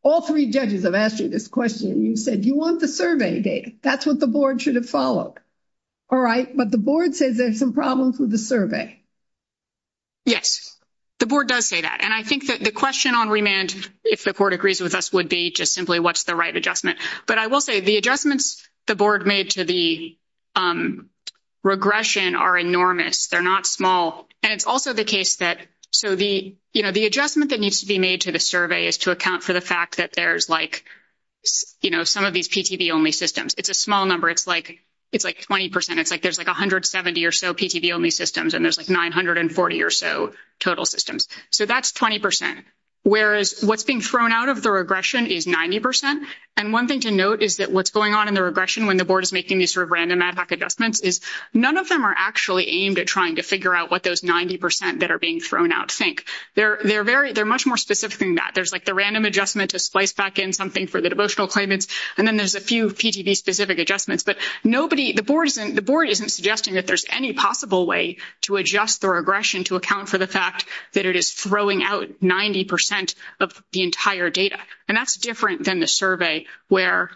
all three judges have asked you this question. You said, you want the survey data. That's what the board should have followed. All right. But the board says there's some problems with the survey. Yes. The board does say that. And I think that the question on remand, if the court agrees with us, would be just simply what's the right adjustment. But I will say the adjustments the board made to the regression are enormous. They're not small. And it's also the case that, so the, you know, the adjustment that needs to be made to the survey is to account for the fact that there's like, you know, some of these PTD-only systems. It's a small number. It's like, it's like 20%. It's like there's like 170 or so PTD-only systems. And there's like 940 or so total systems. So that's 20%. Whereas what's being thrown out of the regression is 90%. And one thing to note is that what's going on in the regression when the board is making these sort of random ad hoc adjustments is none of them are actually aimed at trying to figure out what those 90% that are being thrown out think. They're very, they're much more specific than that. There's like the random adjustment to splice back in something for the devotional claimants. And then there's a few PTD-specific adjustments. But nobody, the board isn't, the board isn't suggesting that there's any possible way to adjust the regression to account for the fact that it is throwing out 90% of the entire data. And that's different than the survey where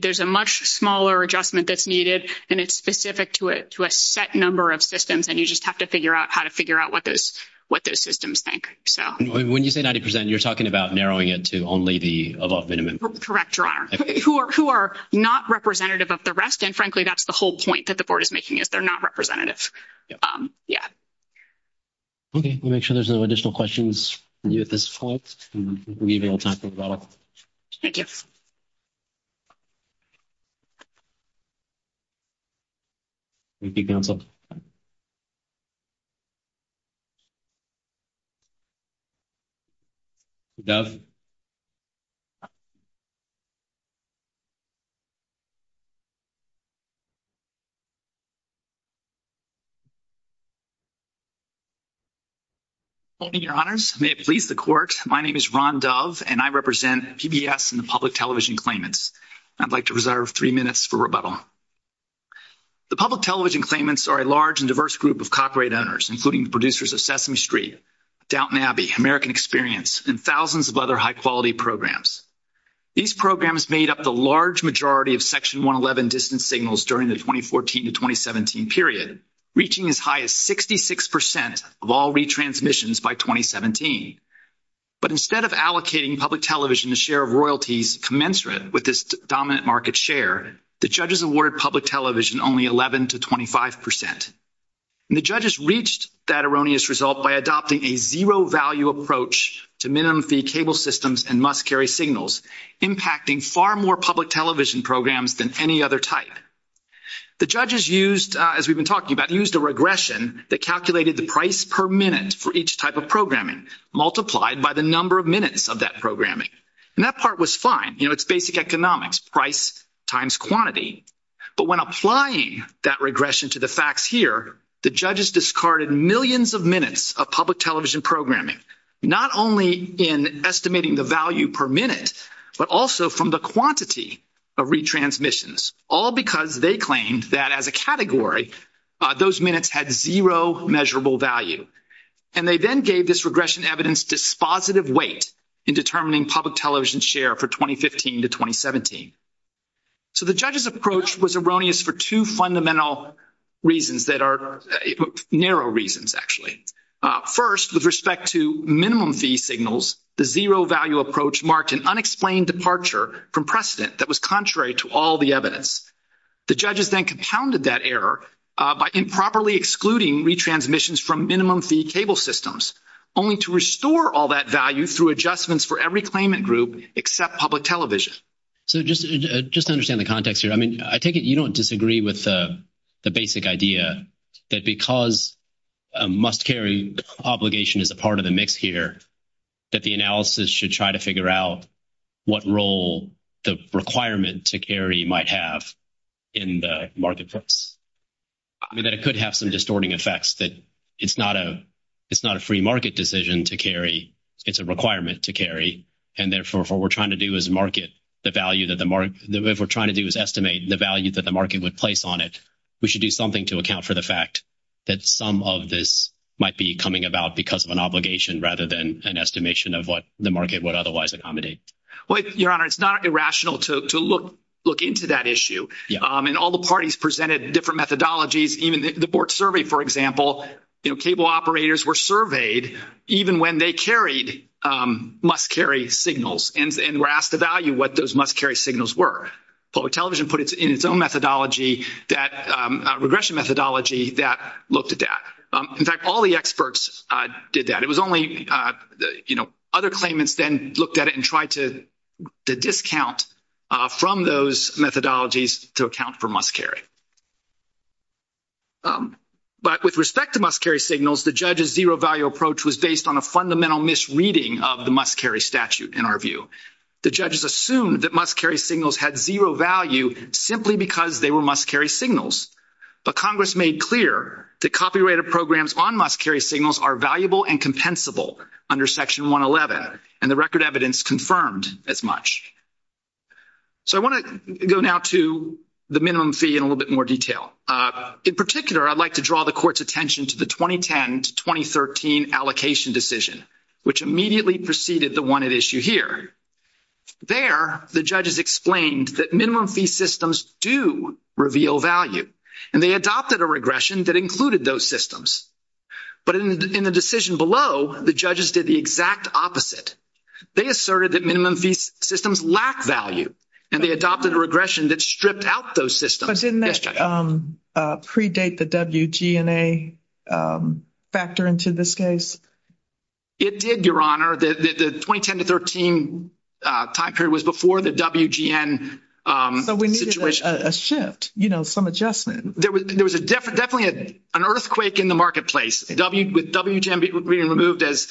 there's a much smaller adjustment that's needed and it's specific to a set number of systems and you just have to figure out how to figure out what those systems think, so. When you say 90%, you're talking about narrowing it to only the minimum. Correct, Your Honor, who are not representative of the rest. And frankly, that's the whole point that the board is making if they're not representative. Yeah. Okay. We'll make sure there's no additional questions at this point. We'll be able to talk to you about it. Thank you. Thank you, Counsel. Dove? Thank you, Your Honors. May it please the Court, my name is Ron Dove and I represent PBS and the Public Television Claimants. I'd like to reserve three minutes for rebuttal. The Public Television Claimants are a large and diverse group of copyright owners, including producers of Sesame Street, Downton Abbey, American Experience, and thousands of other high-quality programs. These programs made up the large majority of Section 111 distance signals during the 2014 to 2017 period, reaching as high as 66% of all retransmissions by 2017. But instead of allocating public television a share of royalties commensurate with this dominant market share, the judges award public television only 11% to 25%. And the judges reached that erroneous result by adopting a zero-value approach to minimum fee cable systems and must-carry signals, impacting far more public television programs than any other type. The judges used, as we've been talking about, used a regression that calculated the price per minute for each type of programming, multiplied by the number of minutes of that programming. And that part was fine, you know, it's basic economics, price times quantity. But when applying that regression to the facts here, the judges discarded millions of minutes of public television programming, not only in estimating the value per minute, but also from the quantity of retransmissions, all because they claimed that as a category, those minutes had zero measurable value. And they then gave this regression evidence dispositive weight in determining public television share for 2015 to 2017. So the judges' approach was erroneous for two fundamental reasons that are, narrow reasons, actually. First, with respect to minimum fee signals, the zero-value approach marked an unexplained departure from precedent that was contrary to all the evidence. The judges then compounded that error by improperly excluding retransmissions from minimum fee cable systems, only to restore all that value through adjustments for every claimant group except public television. So just to understand the context here, I mean, I take it you don't disagree with the basic idea that because a must-carry obligation is a part of the mix here, that the analysis should try to figure out what role the requirement to carry might have in the market price. I mean, that it could have some distorting effects, that it's not a free market decision to carry, it's a requirement to carry. And therefore, if what we're trying to do is estimate the value that the market would place on it, we should do something to account for the fact that some of this might be coming about because of an obligation rather than an estimation of what the market would otherwise accommodate. Well, Your Honor, it's not irrational to look into that issue. And all the parties presented different methodologies, even the board survey, for example, you know, cable operators were surveyed even when they carried must-carry signals and were asked to value what those must-carry signals were. Public television put in its own methodology that regression methodology that looked at that. In fact, all the experts did that. It was only, you know, other claimants then looked at it and tried to discount from those methodologies to account for must-carry. But with respect to must-carry signals, the judge's zero-value approach was based on a fundamental misreading of the must-carry statute in our view. The judges assumed that must-carry signals had zero value simply because they were must-carry signals. But Congress made clear that copyrighted programs on must-carry signals are valuable and compensable under Section 111, and the record evidence confirmed as much. So I want to go now to the minimum fee in a little bit more detail. In particular, I'd like to draw the court's attention to the 2010-2013 allocation decision, which immediately preceded the one at issue here. There, the judges explained that minimum fee systems do reveal value, and they adopted a regression that included those systems. But in the decision below, the judges did the exact opposite. They asserted that minimum fee systems lack value, and they adopted a regression that stripped out those systems. Yes, Judge. Didn't that predate the WGNA factor into this case? It did, Your Honor. The 2010-2013 time period was before the WGN situation. But we needed a shift, you know, some adjustment. There was definitely an earthquake in the marketplace, with WGN being removed as,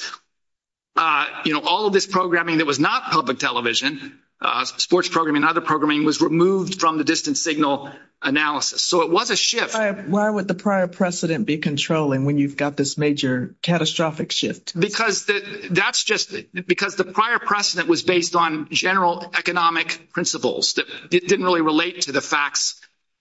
you know, all of this programming that was not public television, sports programming and other programming, was removed from the distance signal analysis. So it was a shift. Why would the prior precedent be controlling when you've got this major catastrophic shift? Because the prior precedent was based on general economic principles. It didn't really relate to the facts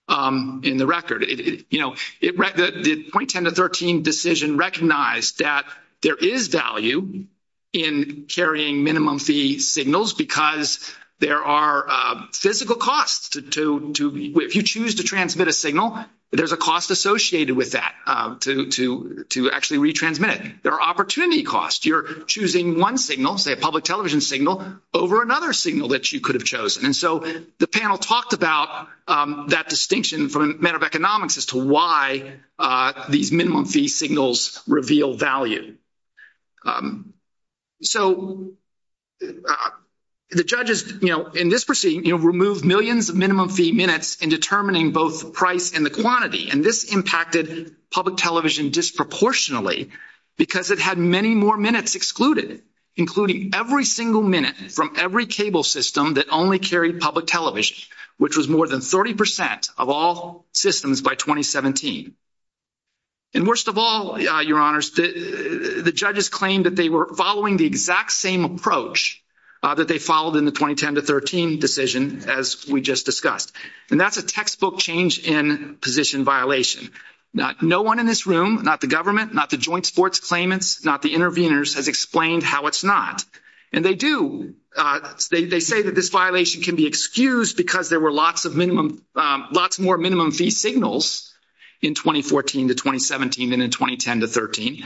in the record. You know, the 2010-2013 decision recognized that there is value in carrying minimum fee signals because there are physical costs. If you choose to transmit a signal, there's a cost associated with that to actually retransmit it. There are opportunity costs. You're choosing one signal, say a public television signal, over another signal that you could have chosen. And so the panel talked about that distinction from a matter of economics as to why these minimum fee signals reveal value. So the judges, you know, in this proceeding, you know, removed millions of minimum fee minutes in determining both the price and the quantity. And this impacted public television disproportionately because it had many more minutes excluded, including every single minute from every cable system that only carried public television, which was more than 30% of all systems by 2017. And worst of all, Your Honors, the judges claimed that they were following the exact same approach that they followed in the 2010-2013 decision as we just discussed. And that's a textbook change in position violation. Not no one in this room, not the government, not the joint sports claimants, not the interveners has explained how it's not. And they do. They say that this violation can be excused because there were lots of minimum, lots more minimum fee signals in 2014 to 2017 than in 2010 to 13.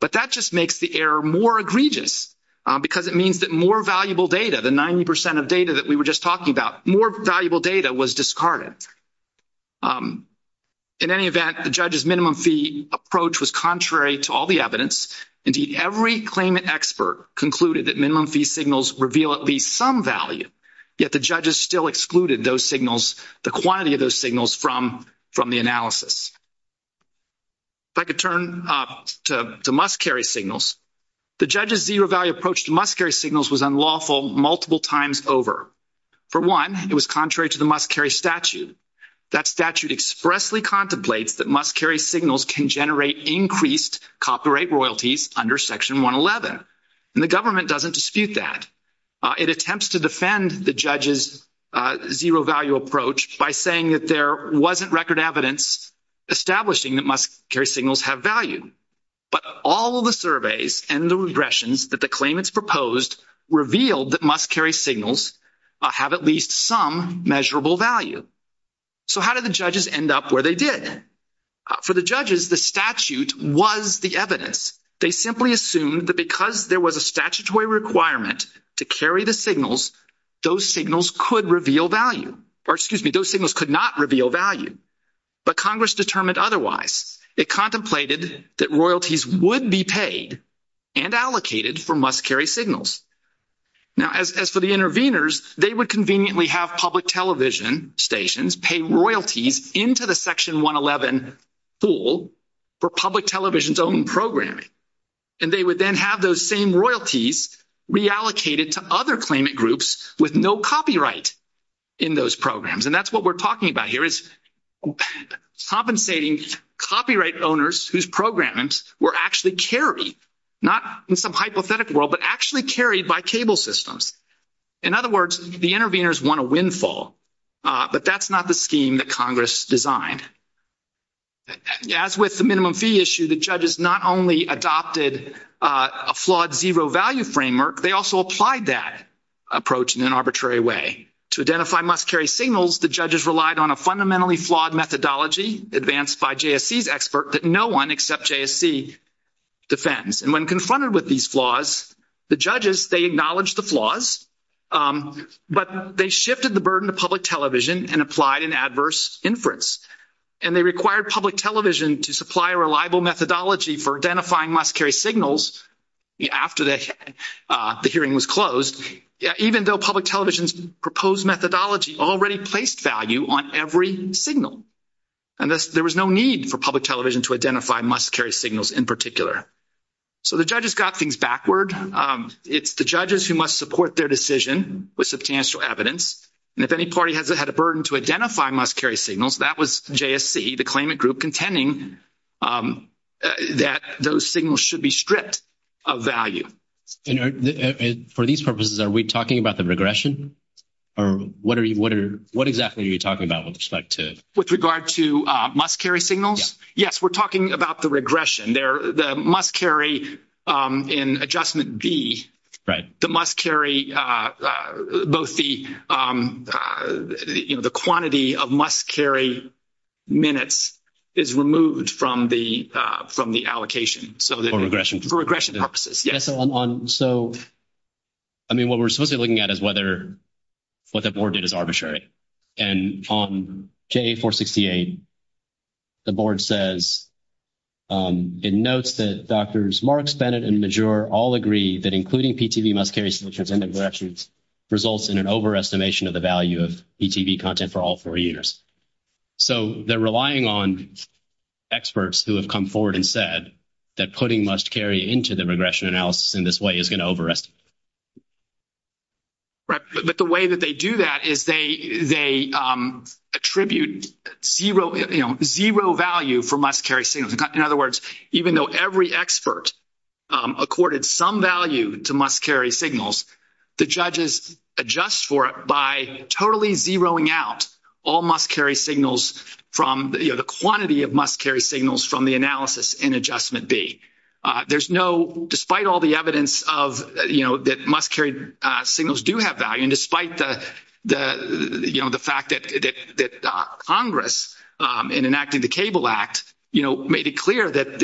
But that just makes the error more egregious because it means that more valuable data, the 90% of data that we were just talking about, more valuable data was discarded. In any event, the judge's minimum fee approach was contrary to all the evidence. Indeed, every claimant expert concluded that minimum fee signals reveal at least some value, yet the judges still excluded those signals, the quantity of those signals from the analysis. If I could turn to the must-carry signals, the judges' zero-value approach to must-carry signals was unlawful multiple times over. For one, it was contrary to the must-carry statute. That statute expressly contemplates that must-carry signals can generate increased copyright royalties under Section 111. And the government doesn't dispute that. It attempts to defend the judges' zero-value approach by saying that there wasn't record evidence establishing that must-carry signals have value. But all the surveys and the regressions that the claimants proposed revealed that must-carry signals have at least some measurable value. So how did the judges end up where they did? For the judges, the statute was the evidence. They simply assumed that because there was a statutory requirement to carry the signals, those signals could reveal value, or excuse me, those signals could not reveal value. But Congress determined otherwise. It contemplated that royalties would be paid and allocated for must-carry signals. Now, as for the interveners, they would conveniently have public television stations pay royalties into the Section 111 pool for public television's own programming. And they would then have those same royalties reallocated to other claimant groups with no copyright in those programs. And that's what we're talking about here, is compensating copyright owners whose programs were actually carried, not in some hypothetical world, but actually carried by cable systems. In other words, the interveners want a windfall, but that's not the scheme that Congress designed. As with the minimum fee issue, the judges not only adopted a flawed zero-value framework, they also applied that approach in an arbitrary way. To identify must-carry signals, the judges relied on a fundamentally flawed methodology advanced by JSC's expert that no one except JSC defends. And when confronted with these flaws, the judges, they acknowledged the flaws, but they shifted the burden to public television and applied an adverse inference. And they required public television to supply a reliable methodology for identifying must-carry signals after the hearing was closed, even though public television's proposed methodology already placed value on every signal. And thus, there was no need for public television to identify must-carry signals in particular. So the judges got things backward. It's the judges who must support their decision with substantial evidence. And if any party has had a burden to identify must-carry signals, that was JSC, the claimant group, contending that those signals should be stripped of value. For these purposes, are we talking about the regression? Or what exactly are you talking about with respect to? With regard to must-carry signals? Yes, we're talking about the regression. The must-carry in Adjustment B, the must-carry, both the quantity of must-carry minutes is removed from the allocation. So the regression purposes. Yes, so I mean, what we're supposed to be looking at is whether what the board did is arbitrary. And on KA468, the board says, it notes that Doctors Marks, Bennett, and Majur all agree that including PTV must-carry in the regression results in an overestimation of the value of PTV content for all four years. So they're relying on experts who have come forward and said that putting must-carry into the regression analysis in this way is gonna overestimate. Right, but the way that they do that is they attribute zero value for must-carry signals. In other words, even though every expert accorded some value to must-carry signals, the judges adjust for it by totally zeroing out all must-carry signals from, the quantity of must-carry signals from the analysis in Adjustment B. There's no, despite all the evidence of that must-carry signals do have value, and despite the fact that Congress in enacting the Cable Act made it clear that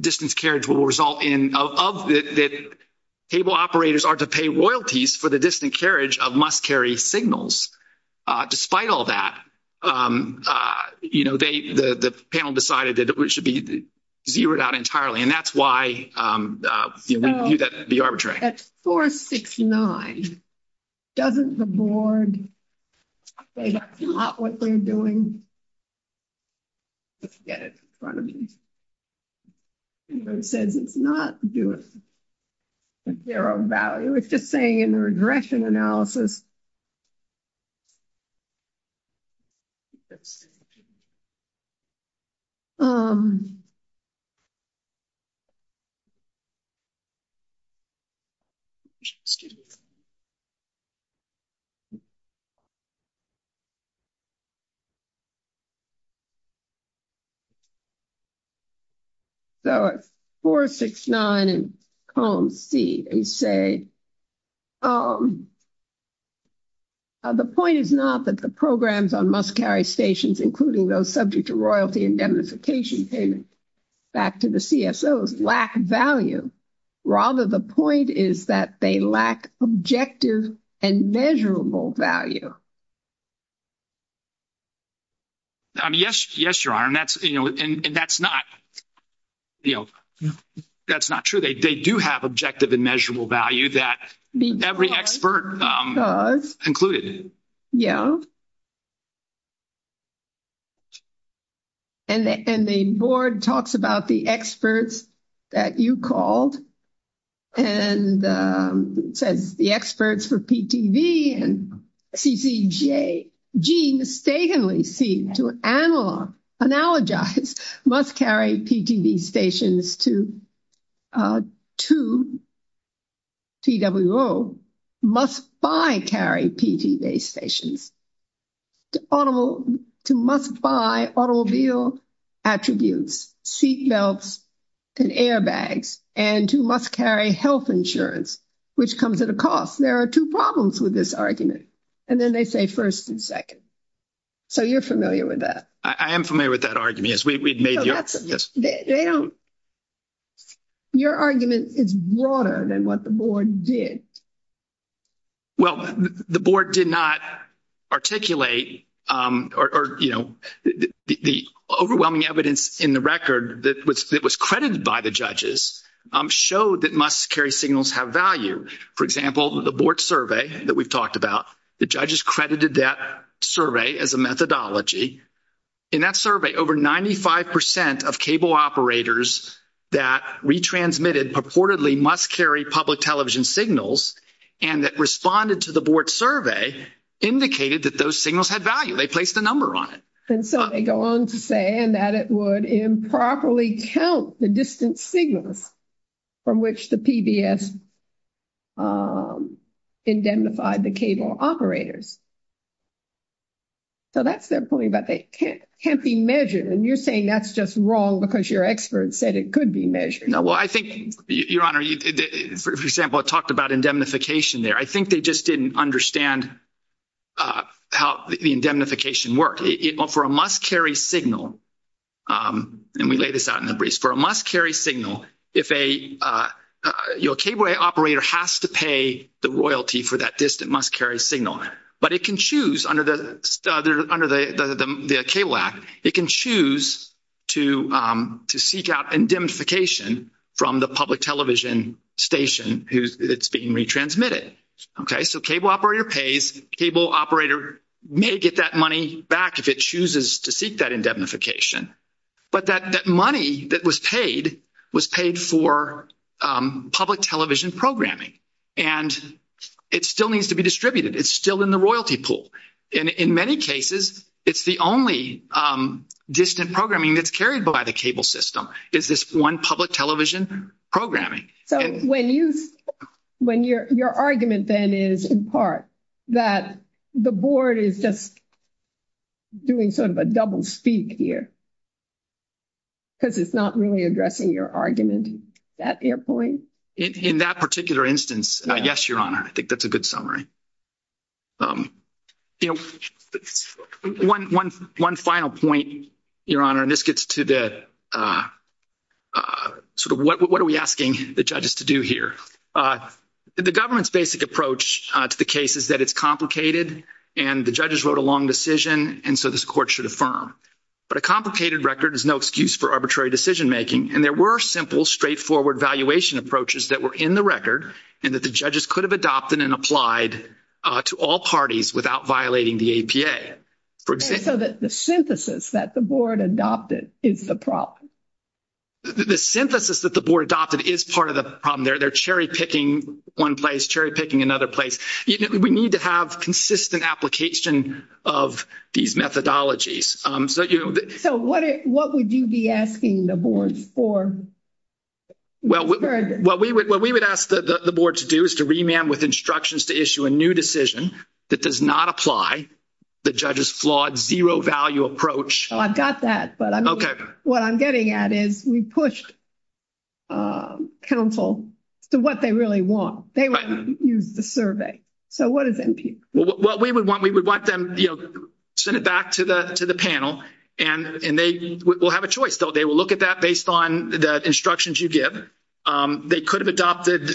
distance carriage will result in, of the cable operators are to pay royalties for the distance carriage of must-carry signals. Despite all that, the panel decided that it should be zeroed out entirely, and that's why we view that to be arbitrary. At 469, doesn't the board say that's not what they're doing? Let's get it in front of me. It says not to do it with zero value. It's just saying in the regression analysis. Excuse me. So, 469 and column C, they say, the point is not that the programs on must-carry stations, including those subject to royalty indemnification payments, back to the CSOs, lack value. Rather, the point is that they lack objective and measurable value. Yes, Your Honor, and that's not true. They do have objective and measurable value that every expert concluded. Yeah. And the board talks about the experts that you called and said the experts for PTV and CCJG mistakenly seem to analogize must-carry PTV stations to CWO, must-buy carry PTV stations, to must-buy automobile attributes, seat belts and airbags, and to must-carry health insurance, which comes at a cost. There are two problems with this argument, and then they say first and second. So, you're familiar with that. I am familiar with that argument. Your argument is broader than what the board did. Well, the board did not articulate, or the overwhelming evidence in the record that was credited by the judges showed that must-carry signals have value. For example, the board survey that we've talked about, the judges credited that survey as a methodology. In that survey, over 95% of cable operators that retransmitted purportedly must-carry public television signals and that responded to the board survey indicated that those signals had value. They placed a number on it. And so, they go on to say that it would improperly count the distance signals from which the PBS indemnified the cable operators. So, that's their point, but they can't be measured. And you're saying that's just wrong because your experts said it could be measured. No, well, I think, Your Honor, for example, I talked about indemnification there. I think they just didn't understand how the indemnification worked. For a must-carry signal, and we laid this out in the briefs, for a must-carry signal, if a cable operator has to pay the royalty for that distant must-carry signal, but it can choose under the Cable Act, it can choose to seek out indemnification from the public television station whose it's being retransmitted. Okay, so cable operator pays. Cable operator may get that money back if it chooses to seek that indemnification. But that money that was paid was paid for public television programming. And it still needs to be distributed. It's still in the royalty pool. And in many cases, it's the only distant programming that's carried by the cable system is this one public television programming. So, when your argument then is, in part, that the board is just doing sort of a double speak here, because it's not really addressing your argument at that point. In that particular instance, yes, Your Honor. I think that's a good summary. One final point, Your Honor, and this gets to the sort of, what are we asking the judges to do here? The government's basic approach to the case is that it's complicated, and the judges wrote a long decision, and so this court should affirm. But a complicated record is no excuse for arbitrary decision-making. And there were simple, straightforward valuation approaches that were in the record, and that the judges could have adopted and applied to all parties without violating the APA. For example- So that the synthesis that the board adopted is the problem. The synthesis that the board adopted is part of the problem there. They're cherry-picking one place, cherry-picking another place. We need to have consistent application of these methodologies. So what would you be asking the board for? Well, what we would ask the board to do is to remand with instructions to issue a new decision that does not apply the judge's flawed zero-value approach. I've got that, but what I'm getting at is we push counsel to what they really want. They want to use the survey. So what does that mean? What we would want, we would want them, send it back to the panel, and they will have a choice. So they will look at that based on the instructions you give. They could have adopted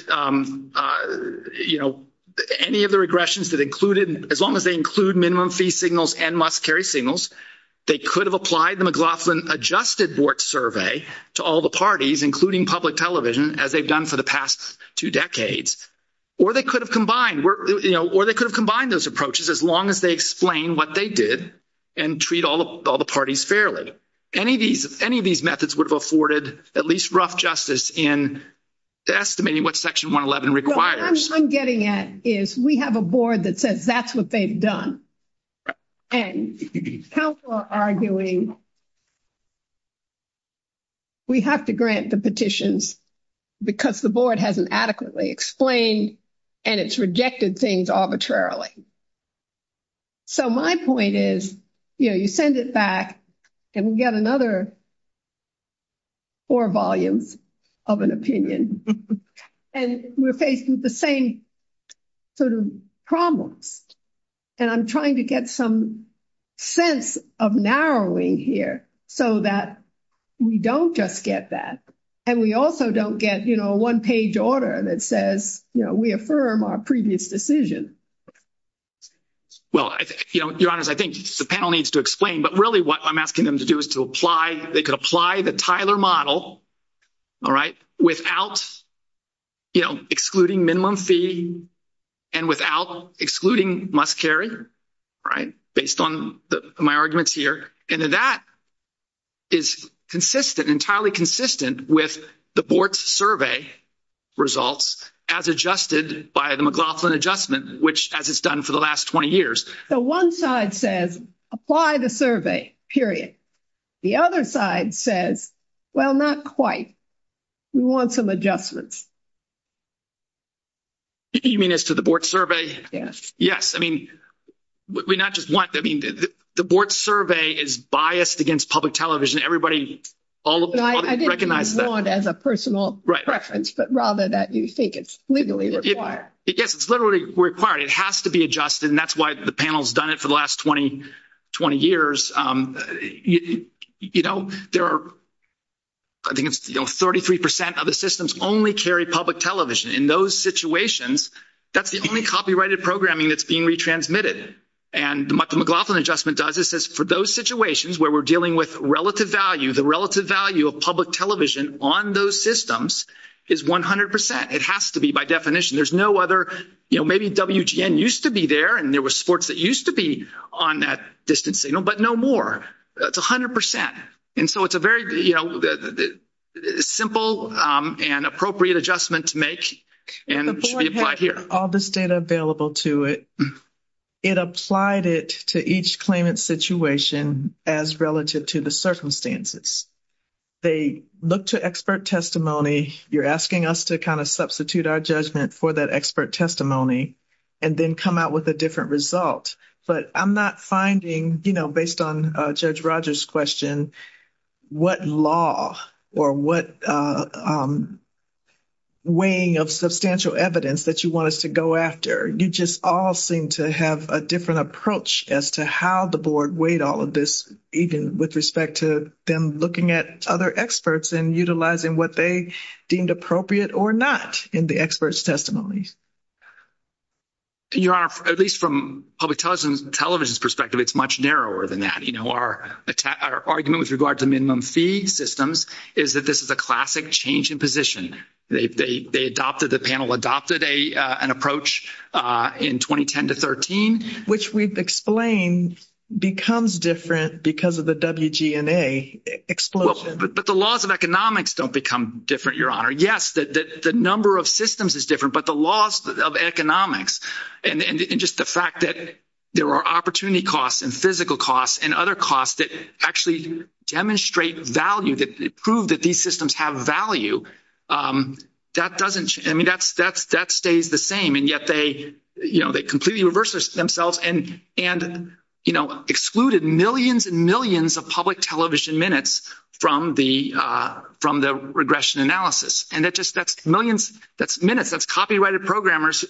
any of the regressions that included, as long as they include minimum fee signals and must-carry signals, they could have applied the McLaughlin Adjusted Board Survey to all the parties, including public television, as they've done for the past two decades. Or they could have combined those approaches as long as they explain what they did and treat all the parties fairly. Any of these methods would have afforded at least rough justice in estimating what Section 111 requires. What I'm getting at is we have a board that says that's what they've done. And counsel are arguing, we have to grant the petitions because the board hasn't adequately explained and it's rejected things arbitrarily. So my point is, you send it back and get another four volumes of an opinion. And we're facing the same sort of problems. And I'm trying to get some sense of narrowing here so that we don't just get that. And we also don't get a one-page order that says we affirm our previous decision. Well, Your Honors, I think the panel needs to explain, but really what I'm asking them to do is to apply, they could apply the Tyler model, all right, without excluding minimum fee and without excluding must-carry, right, based on my arguments here. And that is consistent, entirely consistent with the board's survey results as adjusted by the McLaughlin adjustment, which as it's done for the last 20 years. So one side says, apply the survey, period. The other side says, well, not quite. We want some adjustments. You mean as to the board survey? Yes. Yes. I mean, we not just want, I mean, the board survey is biased against public television. Everybody, all recognize that. I didn't see it as a personal preference, but rather that you think it's legally required. Yes, it's literally required. It has to be adjusted, and that's why the panel's done it for the last 20 years. You know, there are, I think it's 33% of the systems only carry public television. In those situations, that's the only copyrighted programming that's being retransmitted. And what the McLaughlin adjustment does is for those situations where we're dealing with relative value, the relative value of public television on those systems is 100%. It has to be by definition. There's no other, you know, maybe WGN used to be there, and there were sports that used to be on that distance signal, but no more. That's 100%. And so it's a very simple and appropriate adjustment to make, and it should be applied here. The board has all this data available to it. It applied it to each claimant situation as relative to the circumstances. They look to expert testimony. You're asking us to kind of substitute our judgment for that expert testimony, and then come out with a different result. But I'm not finding, you know, based on Judge Rogers' question, what law or what weighing of substantial evidence that you want us to go after. You just all seem to have a different approach as to how the board weighed all of this, even with respect to them looking at other experts and utilizing what they deemed appropriate or not in the experts' testimonies. Your Honor, at least from public television's perspective, it's much narrower than that. You know, our argument with regards to minimum fee systems is that this is a classic change in position. They adopted, the panel adopted an approach in 2010 to 13, which we've explained becomes different because of the WG&A explosion. But the laws of economics don't become different, Yes, the number of systems is different, but the laws of economics, and just the fact that there are opportunity costs and physical costs and other costs that actually demonstrate value, that prove that these systems have value, that doesn't, I mean, that stays the same. And yet they, you know, they completely reversed themselves and, you know, excluded millions and millions of public television minutes from the regression analysis. And that just, that's millions, that's minutes, that's copyrighted programs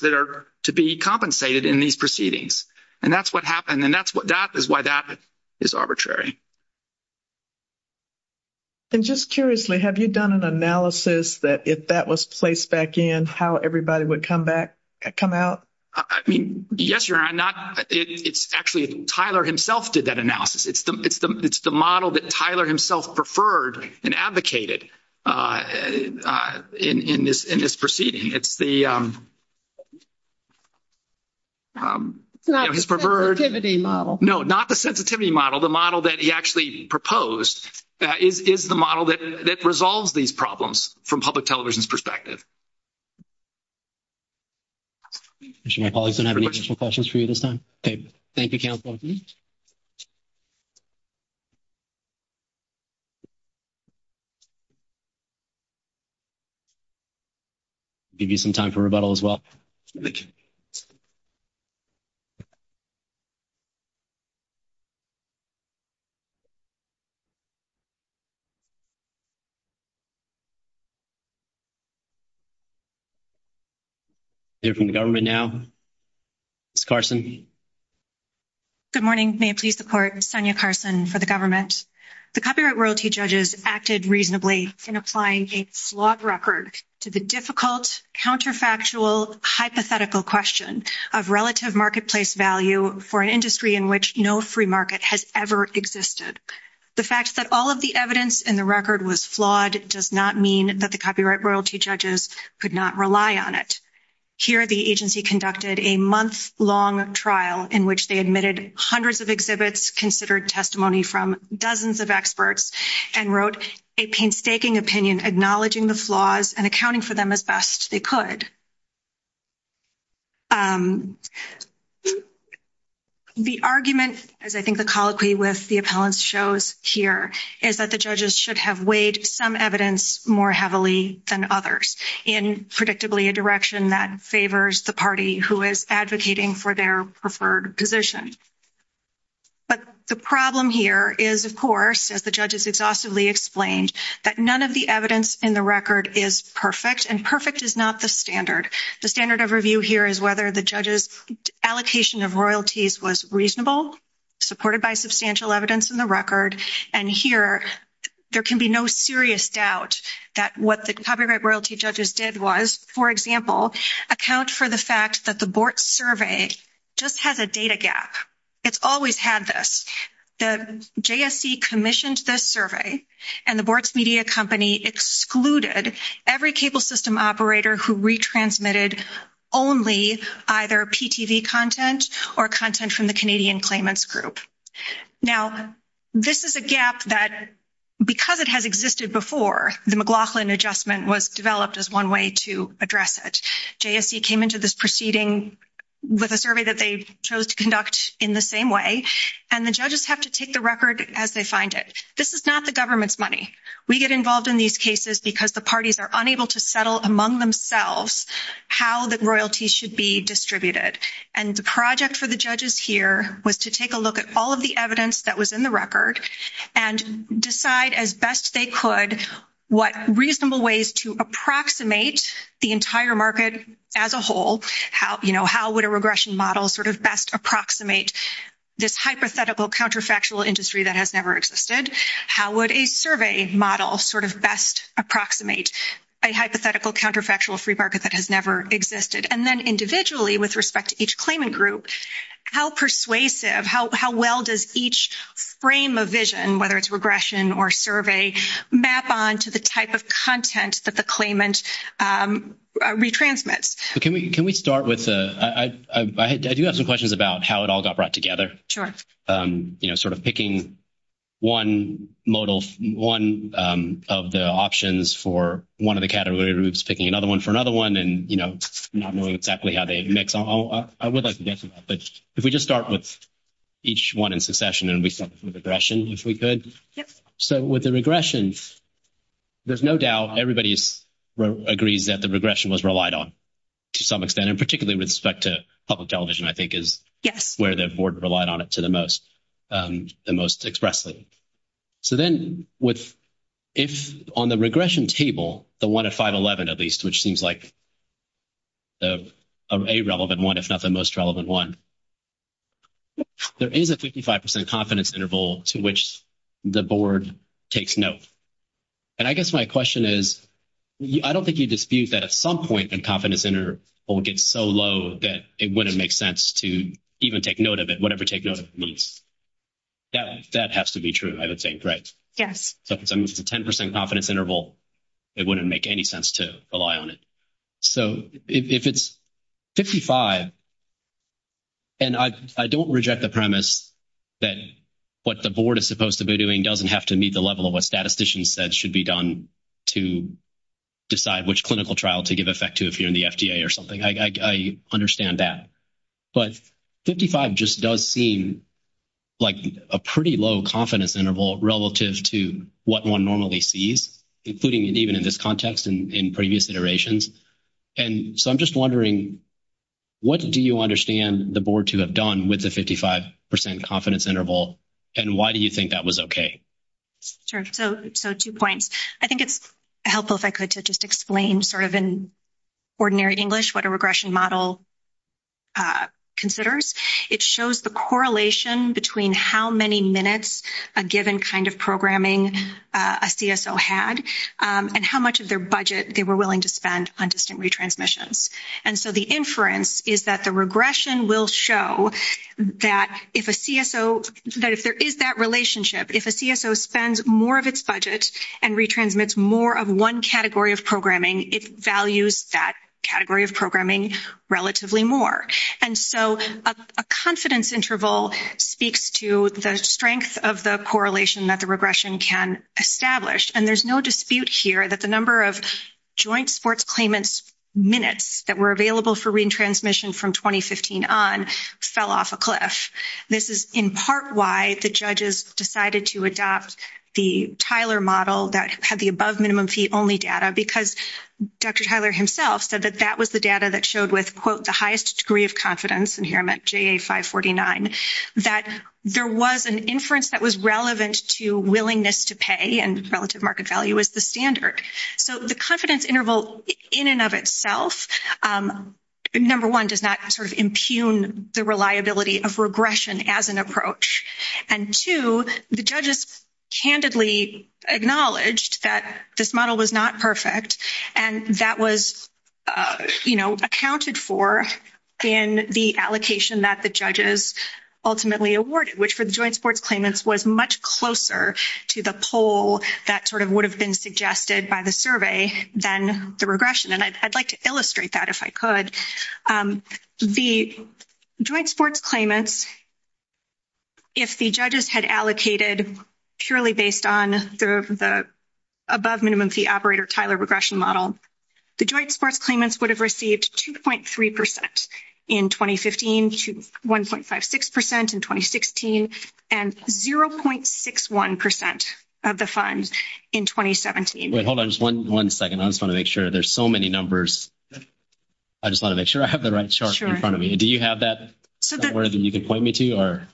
that are to be compensated in these proceedings. And that's what happened, and that is why that is arbitrary. And just curiously, have you done an analysis that if that was placed back in, how everybody would come back, come out? I mean, yes, your honor, I'm not, it's actually Tyler himself did that analysis. It's the model that Tyler himself preferred and advocated in this proceeding. It's the, his preferred, Sensitivity model. No, not the sensitivity model, the model that he actually proposed is the model that resolves these problems from public television's perspective. Mr. McPaul, I don't have any additional questions for you this time. Okay, thank you, counsel. Give you some time for rebuttal as well. We hear from the government now, Ms. Carson. Good morning, may I please support Sonia Carson for the government. The copyright royalty judges acted reasonably in applying a flawed record to the difficult, counterfactual, hypothetical question of relative marketplace value for an industry in which no free market has ever existed. The fact that all of the evidence in the record was flawed does not mean that the copyright royalty judges could not rely on it. Here the agency conducted a month long trial in which they admitted hundreds of exhibits, considered testimony from dozens of experts and wrote a painstaking opinion, acknowledging the flaws and accounting for them as best they could. The argument, as I think the colloquy with the appellants shows here is that the judges should have weighed some evidence more heavily than others in predictably a direction that favors the party who is advocating for their preferred position. But the problem here is of course, as the judges exhaustively explained that none of the evidence in the record is perfect and perfect is not the standard. The standard of review here is whether the judges allocation of royalties was reasonable supported by substantial evidence in the record. And here there can be no serious doubt that what the copyright royalty judges did was, for example, account for the fact that the BORTS survey just has a data gap. It's always had this. The JSC commissioned this survey and the BORTS media company excluded every cable system operator who retransmitted only either PTV content or content from the Canadian claimants group. Now, this is a gap that because it has existed before the McLaughlin adjustment was developed as one way to address it. JSC came into this proceeding with a survey that they chose to conduct in the same way. And the judges have to take the record as they find it. This is not the government's money. We get involved in these cases because the parties are unable to settle among themselves how the royalty should be distributed. And the project for the judges here was to take a look at all of the evidence that was in the record and decide as best they could what reasonable ways to approximate the entire market as a whole. How would a regression model sort of best approximate this hypothetical counterfactual industry that has never existed? How would a survey model sort of best approximate a hypothetical counterfactual free market that has never existed? And then individually with respect to each claimant group, how persuasive, how well does each frame of vision, whether it's regression or survey, map on to the type of content that the claimant retransmits? Can we start with, I do have some questions about how it all got brought together. Sure. Sort of picking one modal, one of the options for one of the category groups, picking another one for another one, and not knowing exactly how they mix them all up. I would like to get to that, but if we just start with each one in succession and we start with regression, if we could. So with the regressions, there's no doubt, everybody agrees that the regression was relied on to some extent, and particularly with respect to public television, I think is where the board relied on it the most expressly. So then if on the regression table, the one at 511 at least, which seems like a relevant one, if not the most relevant one, there is a 55% confidence interval to which the board takes note. And I guess my question is, I don't think you dispute that at some point the confidence interval will get so low that it wouldn't make sense to even take note of it, whatever take note means. That has to be true, I would think, right? Yes. So if it's a 10% confidence interval, it wouldn't make any sense to rely on it. So if it's 55, and I don't reject the premise that what the board is supposed to be doing doesn't have to meet the level of what statisticians said should be done to decide which clinical trial to give effect to if you're in the FDA or something, I understand that. But 55 just does seem like a pretty low confidence interval relative to what one normally sees, including even in this context in previous iterations. And so I'm just wondering, what do you understand the board to have done with the 55% confidence interval? And why do you think that was okay? Sure, so two points. I think it's helpful if I could just explain sort of in ordinary English what a regression model considers. It shows the correlation between how many minutes a given kind of programming a CSO had and how much of their budget they were willing to spend on distant retransmissions. And so the inference is that the regression will show that if a CSO, that if there is that relationship, if a CSO spends more of its budget and retransmits more of one category of programming, it values that category of programming relatively more. And so a confidence interval speaks to the strength of the correlation that the regression can establish. And there's no dispute here that the number of joint sports claimants minutes that were available for retransmission from 2015 on fell off a cliff. This is in part why the judges decided to adopt the Tyler model that had the above minimum fee only data because Dr. Tyler himself said that that was the data that showed with quote, the highest degree of confidence and here I'm at JA 549, that there was an inference that was relevant to willingness to pay and relative market value as the standard. So the confidence interval in and of itself, number one, does not sort of impugn the reliability of regression as an approach. And two, the judges candidly acknowledged that this model was not perfect. And that was accounted for in the allocation that the judges ultimately awarded, which for the joint sports claimants was much closer to the poll that sort of would have been suggested by the survey than the regression. And I'd like to illustrate that if I could. The joint sports claimants, if the judges had allocated purely based on the above minimum fee operator Tyler regression model, the joint sports claimants would have received 2.3% in 2015 to 1.56% in 2016, and 0.61% of the funds in 2017. Hold on just one second. I just wanna make sure there's so many numbers. I just wanna make sure I have the right chart in front of me. Do you have that somewhere that you can point me to or?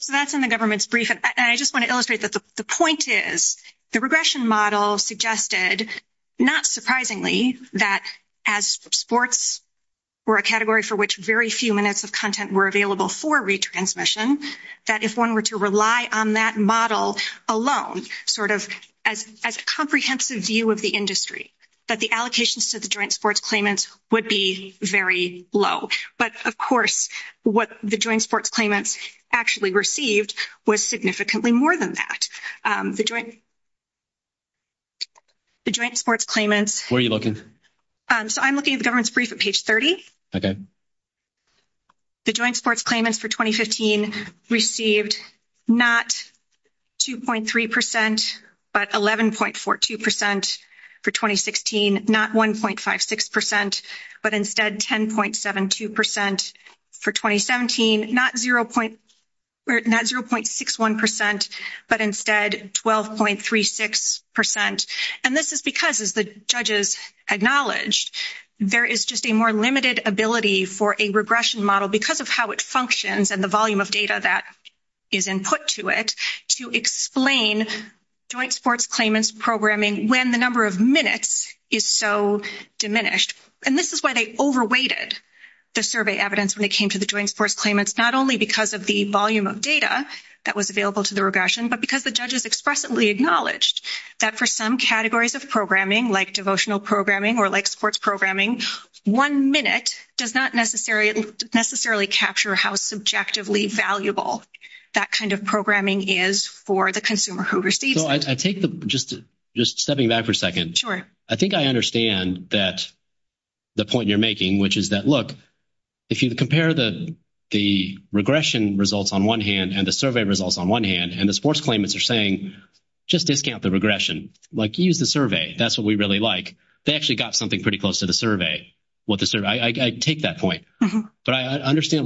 So that's in the government's brief. I just wanna illustrate that the point is the regression model suggested not surprisingly that as sports were a category for which very few minutes of content were available for retransmission, that if one were to rely on that model alone, sort of as a comprehensive view of the industry, that the allocations to the joint sports claimants would be very low. But of course, what the joint sports claimants actually received was significantly more than that. The joint sports claimants. Where are you looking? So I'm looking at the government's brief at page 30. Okay. The joint sports claimants for 2015 received not 2.3%, but 11.42% for 2016, not 1.56%, but instead 10.72% for 2017, not 0.61%, but instead 12.36%. And this is because as the judges acknowledged, there is just a more limited ability for a regression model because of how it functions and the volume of data that is input to it to explain joint sports claimants programming when the number of minutes is so diminished. And this is why they overrated the survey evidence when it came to the joint sports claimants, not only because of the volume of data that was available to the regression, but because the judges expressively acknowledged that for some categories of programming, like devotional programming or like sports programming, one minute does not necessarily capture how subjectively valuable that kind of programming is for the consumer who received it. So I take the, just stepping back for a second. Sure. I think I understand that the point you're making, which is that, look, if you compare the regression results on one hand and the survey results on one hand and the sports claimants are saying, just discount the regression, like use the survey. That's what we really like. They actually got something pretty close to the survey. What the survey, I take that point, but I understand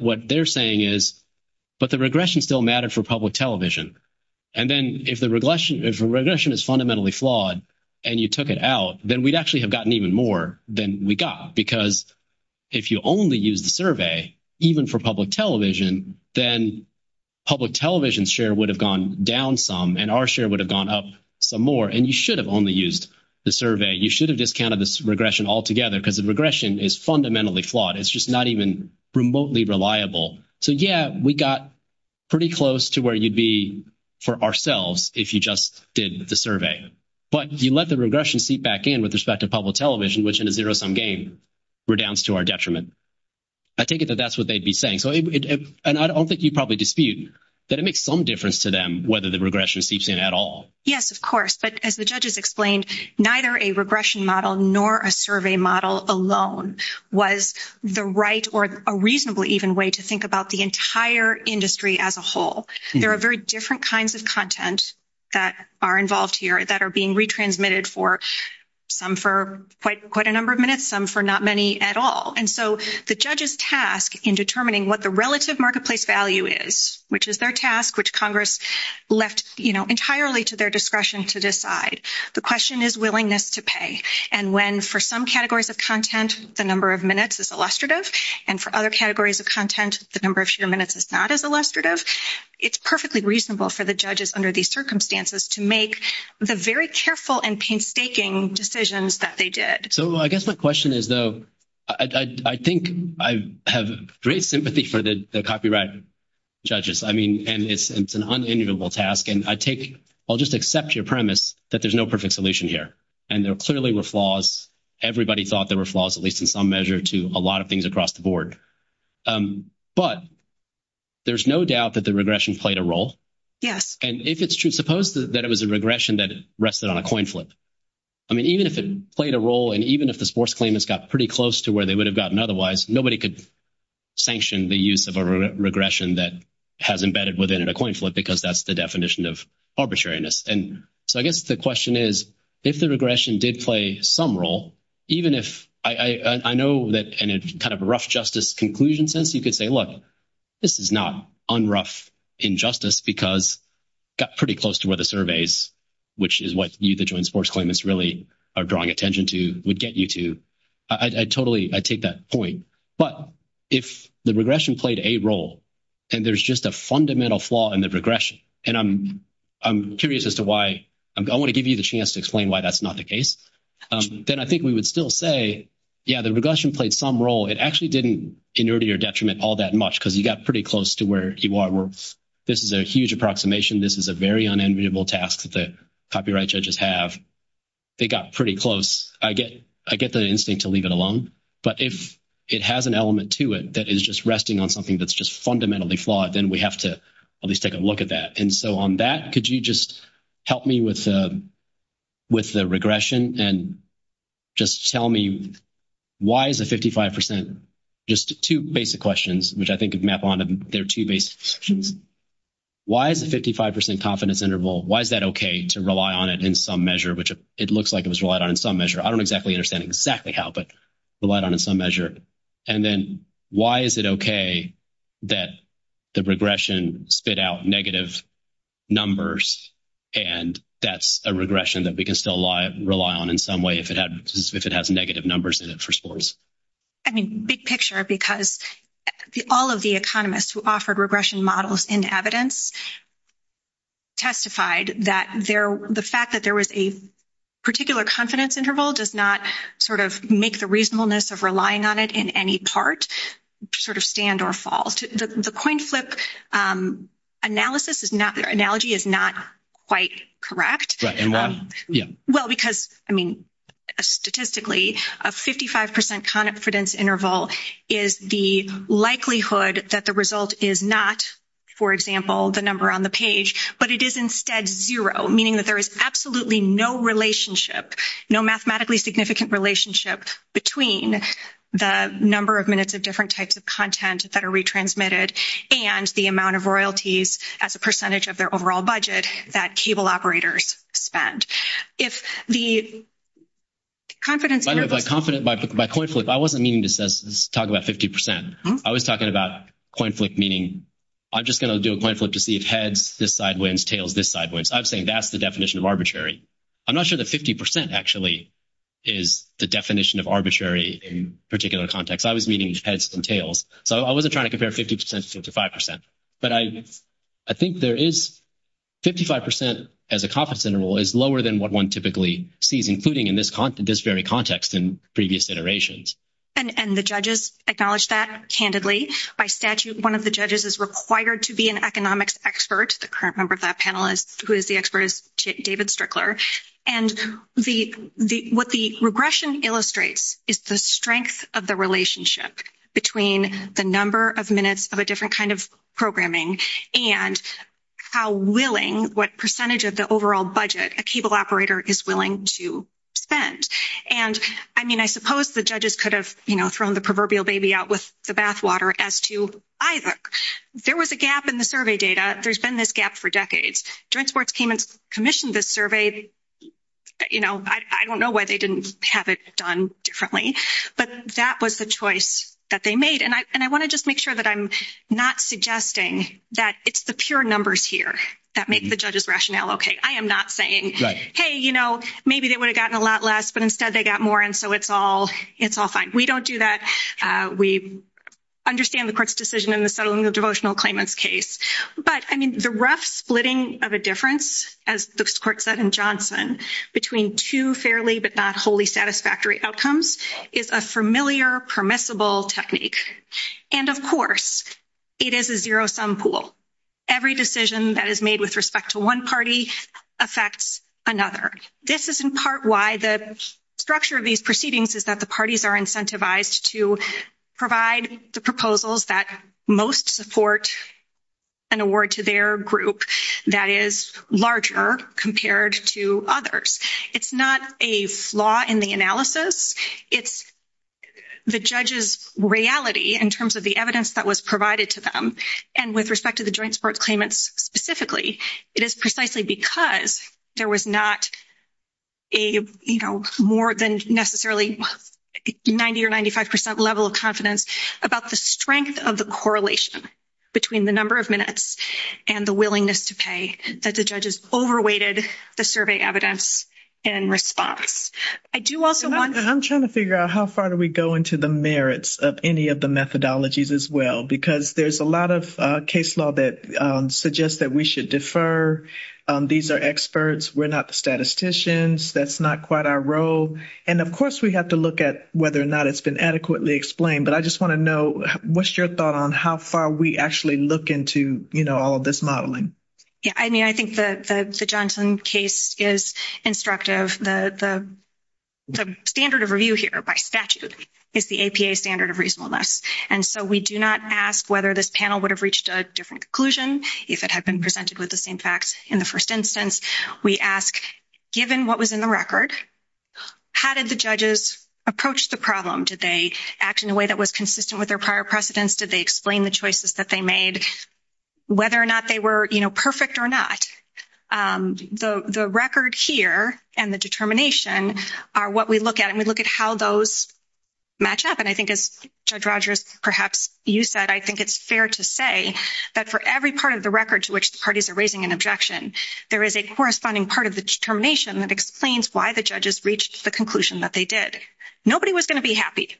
what they're saying is, but the regression still mattered for public television. And then if the regression is fundamentally flawed and you took it out, then we'd actually have gotten even more than we got because if you only use the survey, even for public television, then public television's share would have gone down some and our share would have gone up some more. And you should have only used the survey. You should have discounted this regression altogether because the regression is fundamentally flawed. It's just not even remotely reliable. So yeah, we got pretty close to where you'd be for ourselves if you just did the survey, but you let the regression seep back in with respect to public television, which in a zero-sum game redounds to our detriment. I think that that's what they'd be saying. And I don't think you'd probably dispute that it makes some difference to them whether the regression seeps in at all. Yes, of course. But as the judges explained, neither a regression model nor a survey model alone was the right or a reasonable even way to think about the entire industry as a whole. There are very different kinds of content that are involved here that are being retransmitted for some for quite a number of minutes, some for not many at all. And so the judge's task in determining what the relative marketplace value is, which is their task, which Congress left entirely to their discretion to decide, the question is willingness to pay. And when for some categories of content, the number of minutes is illustrative, and for other categories of content, the number of sheer minutes is not as illustrative, it's perfectly reasonable for the judges under these circumstances to make the very careful and painstaking decisions that they did. So I guess my question is though, I think I have great sympathy for the copyright judges. I mean, and it's an unenviable task. And I'll just accept your premise that there's no perfect solution here. And there clearly were flaws. Everybody thought there were flaws, at least in some measure to a lot of things across the board. But there's no doubt that the regression played a role. Yes. And if it's true, suppose that it was a regression that rested on a coin flip. I mean, even if it played a role and even if the sports claim has got pretty close to where they would have gotten otherwise, nobody could sanction the use of a regression that has embedded within a coin flip because that's the definition of arbitrariness. And so I guess the question is, if the regression did play some role, even if I know that in a kind of rough justice conclusion sense, you could say, look, this is not on rough injustice because got pretty close to where the surveys, which is what you the joint sports claimants really are drawing attention to, would get you to. I totally, I take that point. But if the regression played a role and there's just a fundamental flaw in the regression, and I'm curious as to why, I want to give you the chance to explain why that's not the case. Then I think we would still say, yeah, the regression played some role. It actually didn't inertia or detriment all that much because you got pretty close to where you are. This is a huge approximation. This is a very unenviable task that the copyright judges have. It got pretty close. I get the instinct to leave it alone, but if it has an element to it that is just resting on something that's just fundamentally flawed, then we have to at least take a look at that. And so on that, could you just help me with the regression and just tell me, why is the 55%, just two basic questions, which I think is map onto their two basic questions. Why is the 55% confidence interval? Why is that okay to rely on it in some measure, which it looks like it was relied on in some measure. I don't exactly understand exactly how, but relied on in some measure. And then why is it okay that the regression spit out negative numbers and that's a regression that we can still rely on in some way if it has negative numbers for scores? I mean, big picture, because all of the economists who offered regression models and evidence testified that the fact that there was a particular confidence interval does not sort of make the reasonableness of relying on it in any part, sort of stand or fall. The coin flip analysis is not, their analogy is not quite correct. Well, because I mean, statistically, a 55% confidence interval is the likelihood that the result is not, for example, the number on the page, but it is instead zero, meaning that there is absolutely no relationship, no mathematically significant relationship between the number of minutes of different types of content that are retransmitted and the amount of royalties as a percentage of their overall budget that cable operators spend. If the confidence- By confidence, by coin flip, I wasn't meaning to talk about 50%. I was talking about coin flip meaning, I'm just gonna do a coin flip to see if heads, this side wins, tails, this side wins. I'm saying that's the definition of arbitrary. I'm not sure that 50% actually is the definition of arbitrary in particular contexts. I was meaning heads and tails. So I wasn't trying to compare 50% to 55%, but I think there is, 55% as a confidence interval is lower than what one typically sees, including in this very context in previous iterations. And the judges acknowledge that candidly. By statute, one of the judges is required to be an economics expert. The current member of that panel who is the expert is David Strickler. And what the regression illustrates is the strength of the relationship between the number of minutes of a different kind of programming and how willing, what percentage of the overall budget a cable operator is willing to spend. And I mean, I suppose the judges could have thrown the proverbial baby out with the bathwater as to either. There was a gap in the survey data. There's been this gap for decades. Joint sports came and commissioned this survey. I don't know why they didn't have it done differently, but that was the choice that they made. And I wanna just make sure that I'm not suggesting that it's the pure numbers here that makes the judges rationale. Okay, I am not saying, hey, maybe they would have gotten a lot less, but instead they got more. And so it's all fine. We don't do that. We understand the court's decision in the settling of devotional claimants case. But I mean, the rough splitting of a difference as the court said in Johnson, between two fairly but not wholly satisfactory outcomes is a familiar permissible technique. And of course it is a zero sum pool. Every decision that is made with respect to one party affects another. This is in part why the structure of these proceedings is that the parties are incentivized to provide the proposals that most support an award to their group that is larger compared to others. It's not a flaw in the analysis. It's the judge's reality in terms of the evidence that was provided to them. And with respect to the joint sports claimants specifically, it is precisely because there was not a, more than necessarily 90 or 95% level of confidence about the strength of the correlation between the number of minutes and the willingness to pay that the judges overweighted the survey evidence in response. I do also want to- I'm trying to figure out how far do we go into the merits of any of the methodologies as well, because there's a lot of case law that suggests that we should defer. These are experts. We're not the statisticians. That's not quite our role. And of course we have to look at whether or not it's been adequately explained, but I just want to know what's your thought on how far we actually look into all of this modeling? Yeah, I mean, I think the Johnson case is instructive. The standard of review here by statute is the APA standard of reasonableness. And so we do not ask whether this panel would have reached a different conclusion if it had been presented with the same facts in the first instance. We ask, given what was in the record, how did the judges approach the problem? Did they act in a way that was consistent with their prior precedents? Did they explain the choices that they made, whether or not they were perfect or not? The record here and the determination are what we look at, and we look at how those match up. And I think as Judge Rogers, perhaps you said, I think it's fair to say that for every part of the record to which the parties are raising an objection, there is a corresponding part of the determination that explains why the judges reached the conclusion that they did. Nobody was gonna be happy.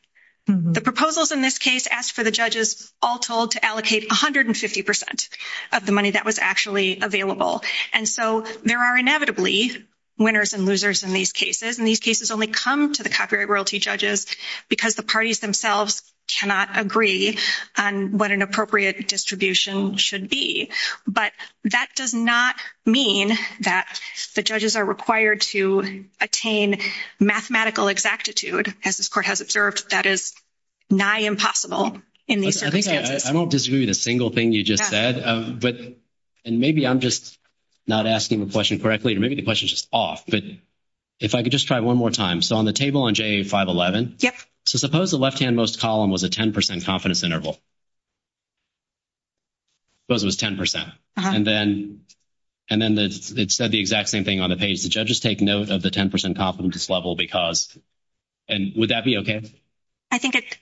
The proposals in this case asked for the judges all told to allocate 150% of the money that was actually available. And so there are inevitably winners and losers in these cases, and these cases only come to the copyright royalty judges because the parties themselves cannot agree on what an appropriate distribution should be. But that does not mean that the judges are required to attain mathematical exactitude as this court has observed that is nigh impossible. I think I don't disagree with a single thing you just said, and maybe I'm just not asking the question correctly, and maybe the question is off, but if I could just try one more time. So on the table on JA 511, so suppose the left-hand most column was a 10% confidence interval. Suppose it was 10%, and then it's the exact same thing on the page. The judges take note of the 10% confidence level because, and would that be okay? I think it's,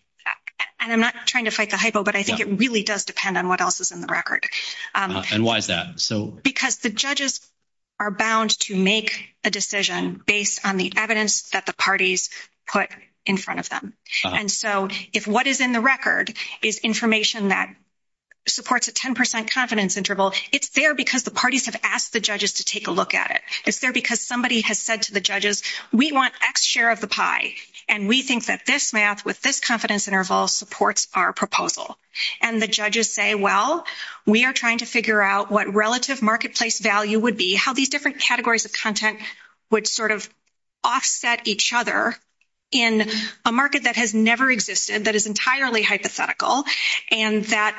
and I'm not trying to fight the hypo, but I think it really does depend on what else is in the record. And why is that? So because the judges are bound to make a decision based on the evidence that the parties put in front of them. And so if what is in the record is information that supports a 10% confidence interval, it's fair because the parties have asked the judges to take a look at it. It's fair because somebody has said to the judges, we want X share of the pie, and we think that this math with this confidence interval supports our proposal. And the judges say, well, we are trying to figure out what relative marketplace value would be, how these different categories of content would sort of offset each other in a market that has never existed, that is entirely hypothetical, and that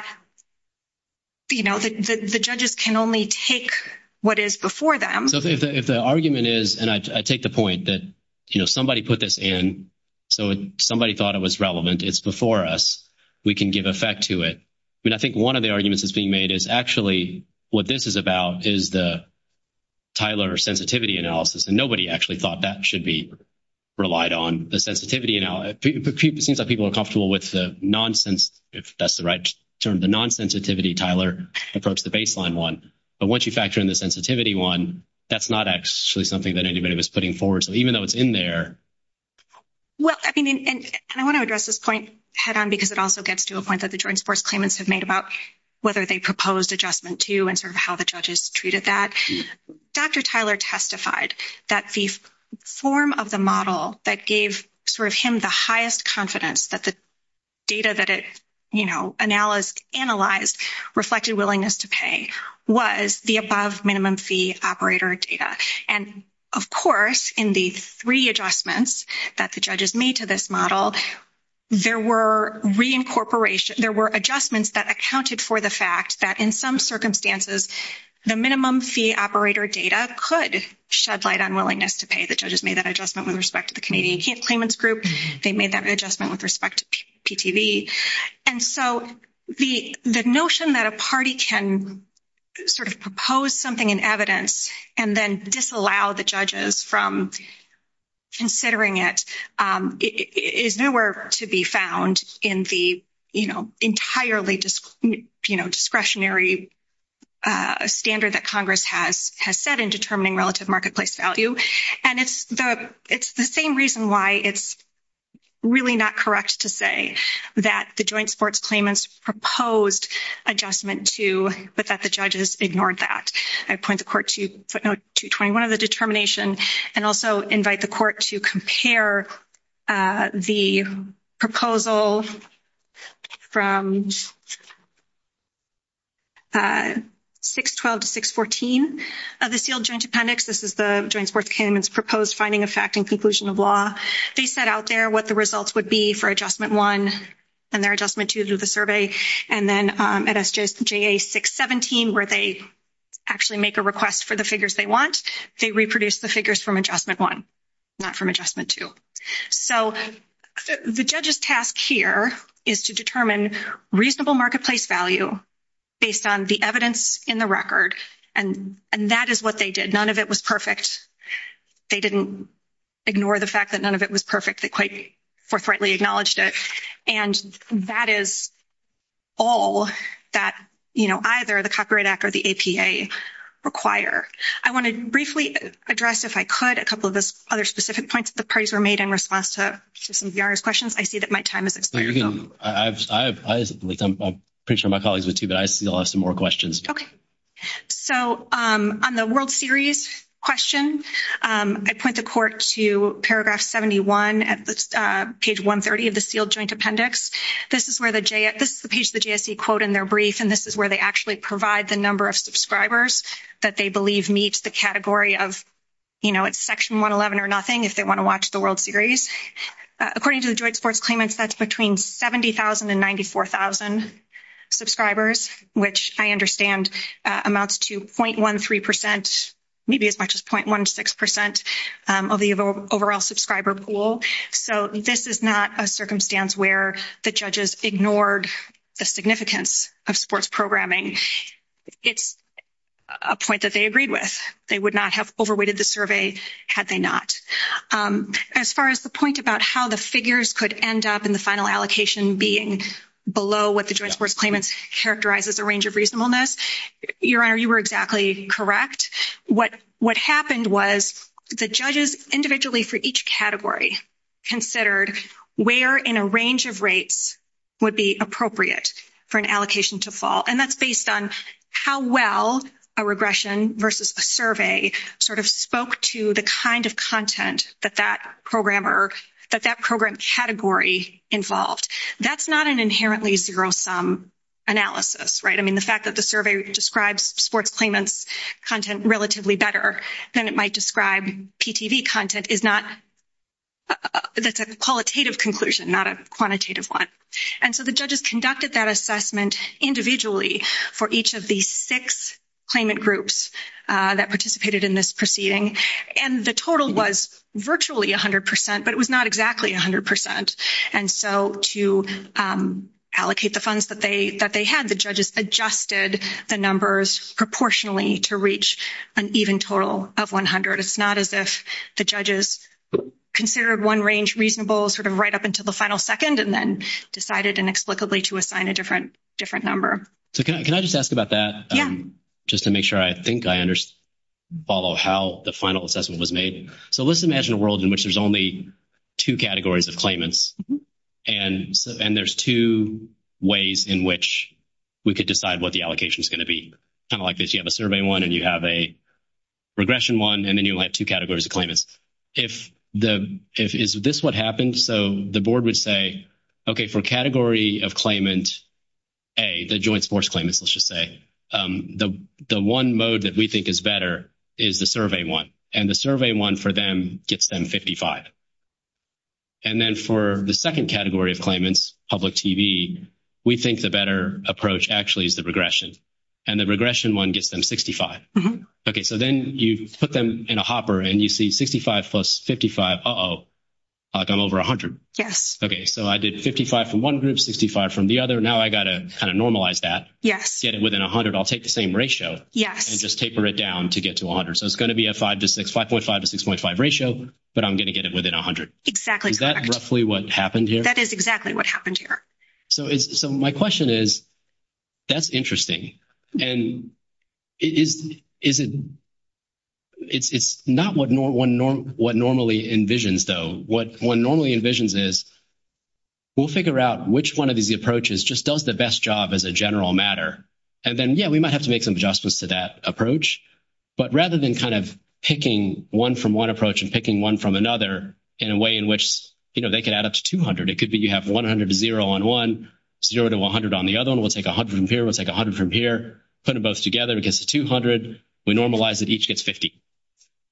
the judges can only take what is before them. So if the argument is, and I take the point that somebody put this in, so somebody thought it was relevant, it's before us, we can give effect to it. But I think one of the arguments that's being made is actually what this is about is the Tyler sensitivity analysis. And nobody actually thought that should be relied on the sensitivity, it seems like people are comfortable with the nonsense, if that's the right term, the nonsensitivity Tyler approach the baseline one. But once you factor in the sensitivity one, that's not actually something that anybody was putting forward. So even though it's in there. Well, I think, and I wanna address this point head on, because it also gets to a point that the joint sports claimants have made about whether they proposed adjustment to and sort of how the judges treated that. Dr. Tyler testified that the form of the model that gave sort of him the highest confidence that the data that it analyzed reflected willingness to pay was the above minimum fee operator data. And of course, in the three adjustments that the judges made to this model, there were reincorporation, there were adjustments that accounted for the fact that in some circumstances, the minimum fee operator data could shed light on willingness to pay. The judges made that adjustment with respect to the Canadian Claimants Group. They made that adjustment with respect to PTV. And so the notion that a party can sort of propose something in evidence and then disallow the judges from considering it is nowhere to be found in the entirely discretionary standard that Congress has set in determining relative marketplace value. And it's the same reason why it's really not correct to say that the joint sports claimants proposed adjustment to the fact that judges ignored that. I point the court to footnote 221 of the determination and also invite the court to compare the proposal from 612 to 614 of the SEAL Joint Appendix. This is the joint sports claimants proposed finding a fact in conclusion of law. They set out there what the results would be for adjustment one and their adjustment two through the survey. And then at SJA 617, where they actually make a request for the figures they want, they reproduce the figures from adjustment one, not from adjustment two. So the judge's task here is to determine reasonable marketplace value based on the evidence in the record. And that is what they did. None of it was perfect. They didn't ignore the fact that none of it was perfect. They quite forthrightly acknowledged it. And that is all that, you know, either the Copyright Act or the APA require. I wanna briefly address, if I could, a couple of those other specific points that the parties were made in response to some of the other questions. I see that my time is expiring. I'm pretty sure my colleagues are too, but I still have some more questions. Okay, so on the World Series question, I point the court to paragraph 71 at page 130 of the SEAL Joint Appendix. This is the page the JSC quote in their brief. And this is where they actually provide the number of subscribers that they believe meets the category of, you know, it's section 111 or nothing if they wanna watch the World Series. According to the Joint Sports Claimants, that's between 70,000 and 94,000 subscribers, which I understand amounts to 0.13%, maybe as much as 0.16% of the overall subscriber pool. So this is not a circumstance where the judges ignored the significance of sports programming. It's a point that they agreed with. They would not have overweighted the survey had they not. As far as the point about how the figures could end up in the final allocation being below what the Joint Sports Claimants characterize as a range of reasonableness, Your Honor, you were exactly correct. What happened was the judges individually for each category considered where in a range of rates would be appropriate for an allocation to fall. And that's based on how well a regression versus a survey sort of spoke to the kind of content that that programmer, that that program category involved. That's not an inherently zero-sum analysis, right? I mean, the fact that the survey describes sports claimants' content relatively better than it might describe PTV content is not, that's a qualitative conclusion, not a quantitative one. And so the judges conducted that assessment individually for each of the six claimant groups that participated in this proceeding. And the total was virtually 100%, but it was not exactly 100%. And so to allocate the funds that they had, the judges adjusted the numbers proportionally to reach an even total of 100. It's not as if the judges considered one range reasonable sort of right up until the final second and then decided inexplicably to assign a different number. So can I just ask about that? Yeah. Just to make sure I think I understand all of how the final assessment was made. So let's imagine a world in which there's only two categories of claimants, and there's two ways in which we could decide what the allocation is gonna be. Kind of like this, you have a survey one and you have a regression one, and then you have two categories of claimants. If the, is this what happens? So the board would say, okay, for category of claimants, A, the joint sports claimants, let's just say, the one mode that we think is better is the survey one. And the survey one for them gets them 55. And then for the second category of claimants, public TV, we think the better approach actually is the regression. And the regression one gets them 65. Okay, so then you put them in a hopper and you see 65 plus 55. Uh-oh, I've gone over 100. Okay, so I did 55 from one group, 65 from the other. Now I gotta kind of normalize that, get it within 100. I'll take the same ratio and just taper it down to get to 100. So it's gonna be a 5.5 to 6.5 ratio, but I'm gonna get it within 100. Is that roughly what happened here? That is exactly what happened here. So my question is, that's interesting. And it's not what normally envisioned so what one normally envisions is, we'll figure out which one of these approaches just does the best job as a general matter. And then, yeah, we might have to make some adjustments to that approach. But rather than kind of picking one from one approach and picking one from another in a way in which, you know, they can add up to 200, it could be you have 100 to zero on one, zero to 100 on the other one, we'll take 100 from here, we'll take 100 from here, put them both together, it gets to 200. We normalize it, each gets 50.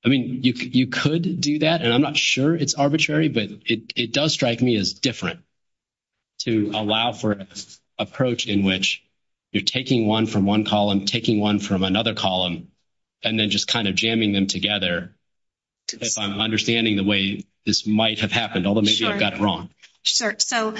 I mean, you could do that, and I'm not sure it's arbitrary, but it does strike me as different to allow for an approach in which you're taking one from one column, taking one from another column, and then just kind of jamming them together. Because if I'm understanding the way this might have happened, although maybe I got it wrong. Sure, so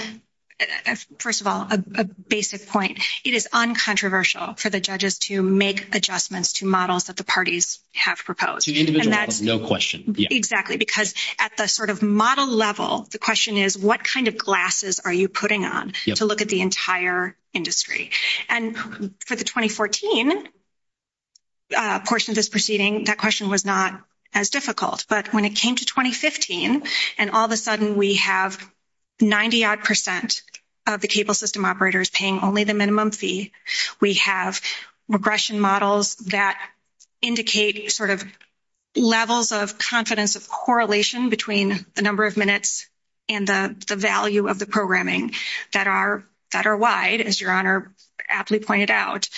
first of all, a basic point, it is uncontroversial for the judges to make adjustments to models that the parties have proposed. To the individual, no question. Exactly, because at the sort of model level, the question is, what kind of glasses are you putting on to look at the entire industry? And for the 2014 portion of this proceeding, that question was not as difficult. But when it came to 2015, and all of a sudden we have 90 odd percent of the cable system operators paying only the minimum fee, we have regression models that indicate sort of levels of confidence of correlation between the number of minutes and the value of the programming that are wide, as Your Honor aptly pointed out.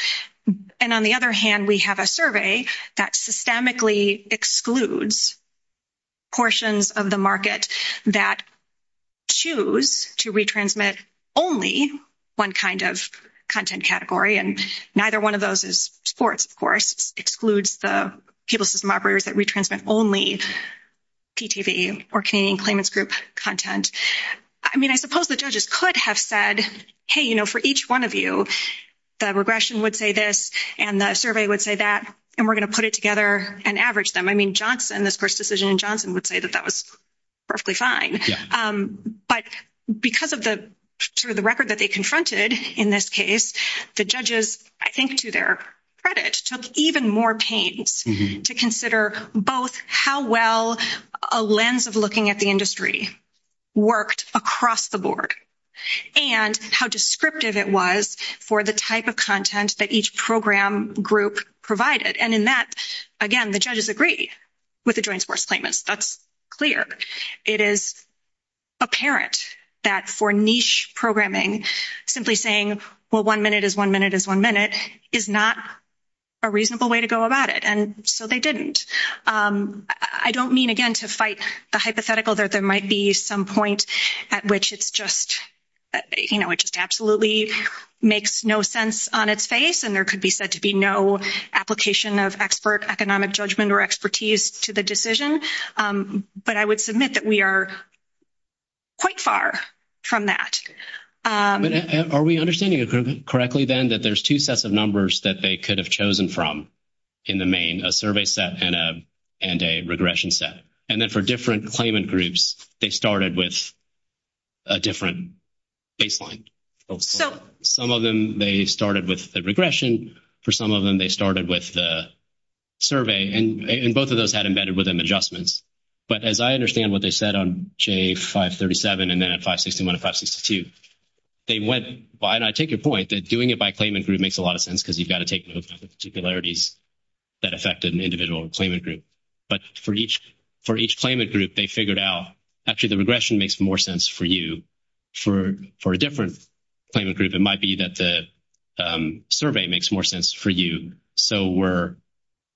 And on the other hand, we have a survey that systemically excludes portions of the market that choose to retransmit only one kind of content category. And neither one of those is sports, of course, excludes the cable system operators that retransmit only PTV or Canadian Claimants Group content. I mean, I suppose the judges could have said, hey, you know, for each one of you, the regression would say this, and the survey would say that, and we're gonna put it together and average them. I mean, Johnson, this first decision in Johnson would say that that was perfectly fine. But because of the record that they confronted in this case, the judges, I think to their credit, took even more pains to consider both how well a lens of looking at the industry worked across the board, and how descriptive it was for the type of content that each program group provided. And in that, again, the judges agreed with the Joint Sports Claimants, that's clear. It is apparent that for niche programming, simply saying, well, one minute is one minute is one minute is not a reasonable way to go about it. And so they didn't. I don't mean, again, to fight the hypothetical that there might be some point at which it's just, you know, it just absolutely makes no sense on its face, and there could be said to be no application of expert economic judgment or expertise to the decision. But I would submit that we are quite far from that. Are we understanding correctly then that there's two sets of numbers that they could have chosen from in the main, a survey set and a regression set? And then for different claimant groups, they started with a different baseline. Some of them, they started with the regression. For some of them, they started with the survey, and both of those had embedded with them adjustments. But as I understand what they said on J537 and then 561 and 562, they went by, and I take your point that doing it by claimant group makes a lot of sense because you've got to take note of the particularities that affected an individual claimant group. But for each claimant group, they figured out, actually, the regression makes more sense for you. For a different claimant group, it might be that the survey makes more sense for you. So we're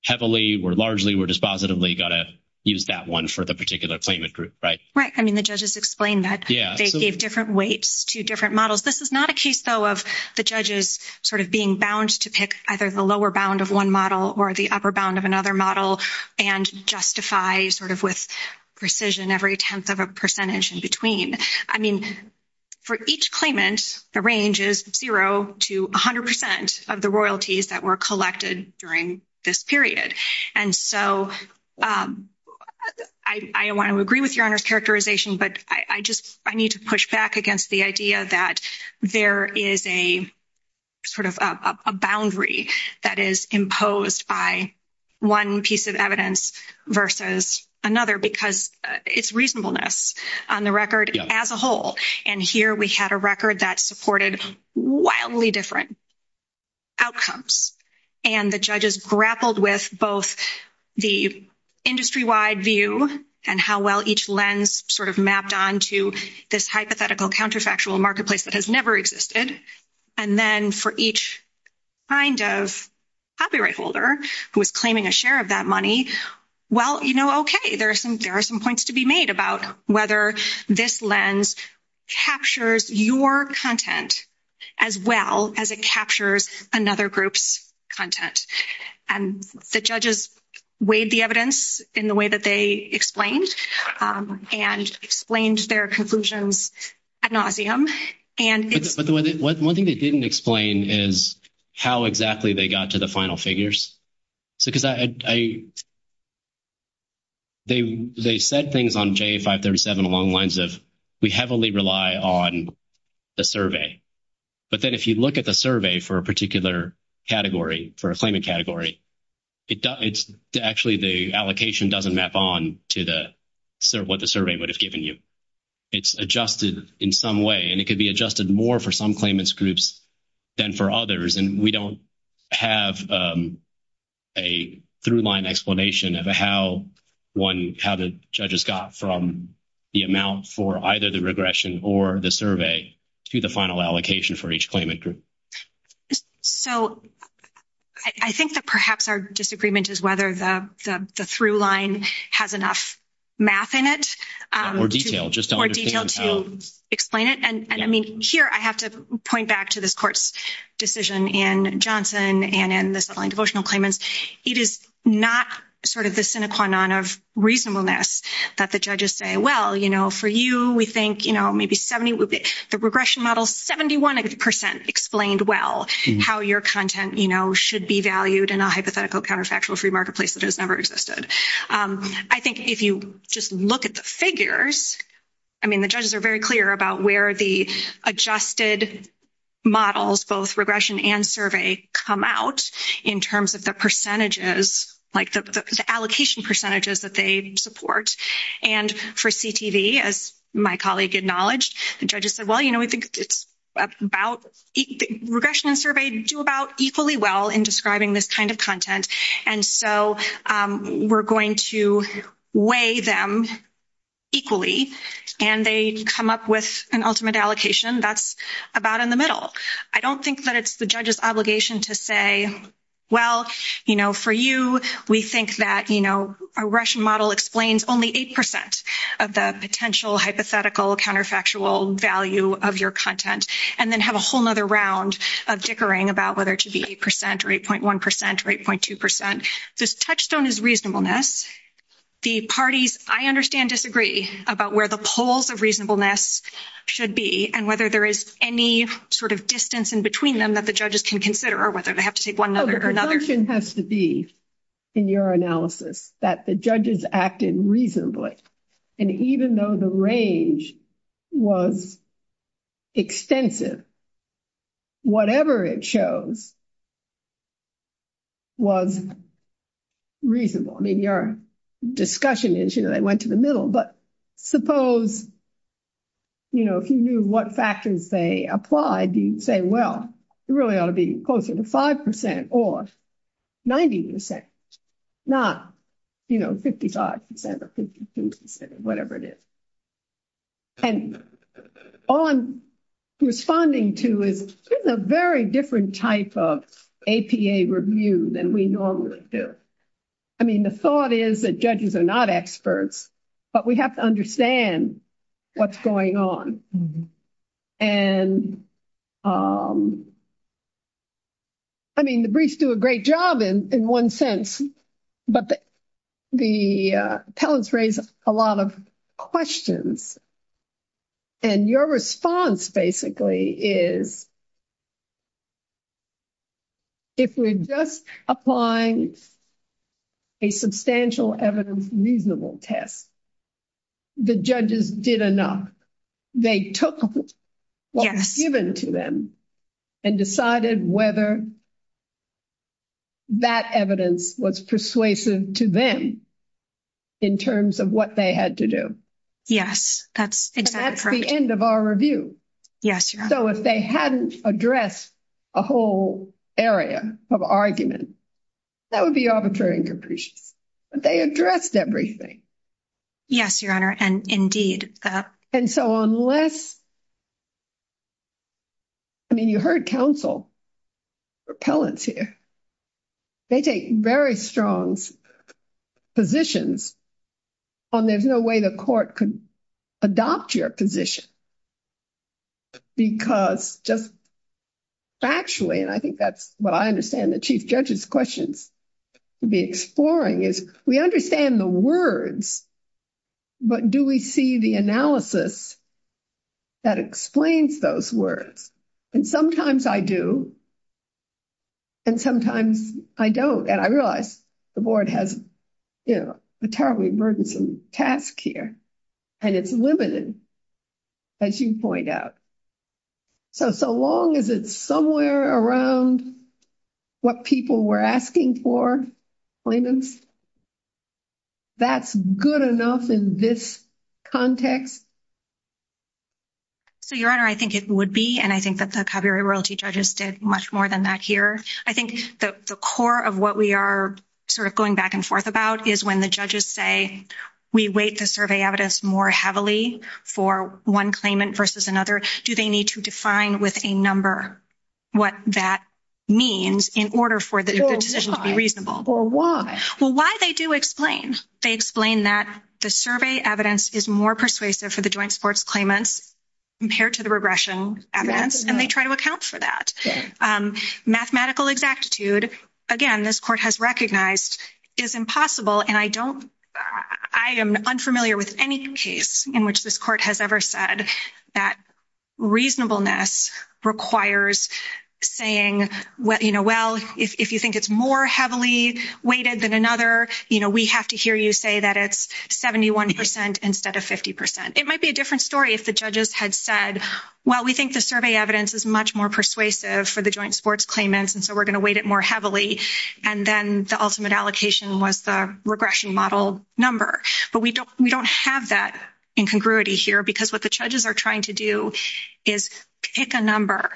heavily, we're largely, we're dispositively gonna use that one for the particular claimant group, right? Right, I mean, the judges explained that. They gave different weights to different models. This is not a case, though, of the judges sort of being bound to pick either the lower bound of one model or the upper bound of another model and justify sort of with precision every 10th of a percentage in between. I mean, for each claimant, the range is zero to 100% of the royalties that were collected during this period. And so I want to agree with your honor's characterization, but I just, I need to push back against the idea that there is a sort of a boundary that is imposed by one piece of evidence versus another because it's reasonableness on the record as a whole. And here we had a record that supported wildly different outcomes. And the judges grappled with both the industry-wide view and how well each lens sort of mapped on to this hypothetical counterfactual marketplace that has never existed. And then for each kind of copyright holder who was claiming a share of that money, well, you know, okay, there are some points to be made about whether this lens captures your content as well as it captures another group's content. And the judges weighed the evidence in the way that they explained and explained their conclusions ad nauseum. And- But the one thing they didn't explain is how exactly they got to the final figures. So, because they said things on J537 along the lines of, we heavily rely on the survey. But then if you look at the survey for a particular category, for a claimant category, actually the allocation doesn't map on to what the survey would have given you. It's adjusted in some way, and it could be adjusted more for some claimants groups than for others. And we don't have a through-line explanation of how the judges got from the amount for either the regression or the survey to the final allocation for each claimant group. So, I think that perhaps our disagreement is whether the through-line has enough math in it. Or detail, just to understand- Or detail to explain it. And I mean, here, I have to point back to this court's decision in Johnson and in the settling devotional claimants. It is not sort of the sine qua non of reasonableness that the judges say, well, for you, we think maybe 70, the regression model, 71% explained well how your content should be valued in a hypothetical counterfactual free marketplace that has never existed. I think if you just look at the figures, I mean, the judges are very clear about where the adjusted models, both regression and survey, come out in terms of the percentages, like the allocation percentages that they support. And for CTV, as my colleague acknowledged, the judges said, well, you know, we think it's about, regression and survey do about equally well in describing this kind of content. And so, we're going to weigh them equally. And they come up with an ultimate allocation that's about in the middle. I don't think that it's the judge's obligation to say, well, you know, for you, we think that, you know, a regression model explains only 8% of the potential hypothetical counterfactual value of your content, and then have a whole nother round of dickering about whether to be 8% or 8.1% or 8.2%. This touchstone is reasonableness. The parties, I understand, disagree about where the poles of reasonableness should be, and whether there is any sort of distance in between them that the judges can consider, or whether they have to take one another or another. The assumption has to be, in your analysis, that the judges acted reasonably. And even though the range was extensive, whatever it shows was reasonable. Maybe our discussion is, you know, they went to the middle, but suppose, you know, if you knew what factors they applied, you'd say, well, it really ought to be closer to 5% or 90%, not, you know, 55% or 52%, whatever it is. And all I'm responding to is this is a very different type of APA review than we normally do. I mean, the thought is that judges are not experts, but we have to understand what's going on. And I mean, the briefs do a great job in one sense, but the talents raise a lot of questions. And your response basically is, if we're just applying a substantial evidence reasonable test, the judges did enough. They took what was given to them and decided whether that evidence was persuasive to them in terms of what they had to do. Yes, that's exactly right. And that's the end of our review. Yes, your honor. So if they hadn't addressed a whole area of argument, that would be arbitrary and capricious, but they addressed everything. Yes, your honor, and indeed. And so unless, I mean, you heard counsel repellents here, they take very strong positions on there's no way the court can adopt your position because just actually, and I think that's what I understand the chief judge's questions to be exploring is we understand the words, but do we see the analysis that explains those words? And sometimes I do, and sometimes I don't. And I realized the board has a terribly burdensome task here and it's limited as you point out. So, so long as it's somewhere around what people were asking for claimants, that's good enough in this context. So your honor, I think it would be. And I think that the recovery royalty judges did much more than that here. I think the core of what we are sort of going back and forth about is when the judges say, we weight the survey evidence more heavily for one claimant versus another, do they need to define with a number what that means in order for the decision to be reasonable? Or why? Well, why they do explain. They explain that the survey evidence is more persuasive for the joint sports claimants compared to the regression evidence. And they try to account for that. Mathematical exactitude, again, this court has recognized is impossible. And I don't, I am unfamiliar with any case in which this court has ever said that reasonableness requires saying, well, if you think it's more heavily weighted than another, we have to hear you say that it's 71% instead of 50%. It might be a different story if the judges had said, well, we think the survey evidence is much more persuasive for the joint sports claimants. And so we're gonna weight it more heavily. And then the ultimate allocation was the regression model number. But we don't have that incongruity here because what the judges are trying to do is pick a number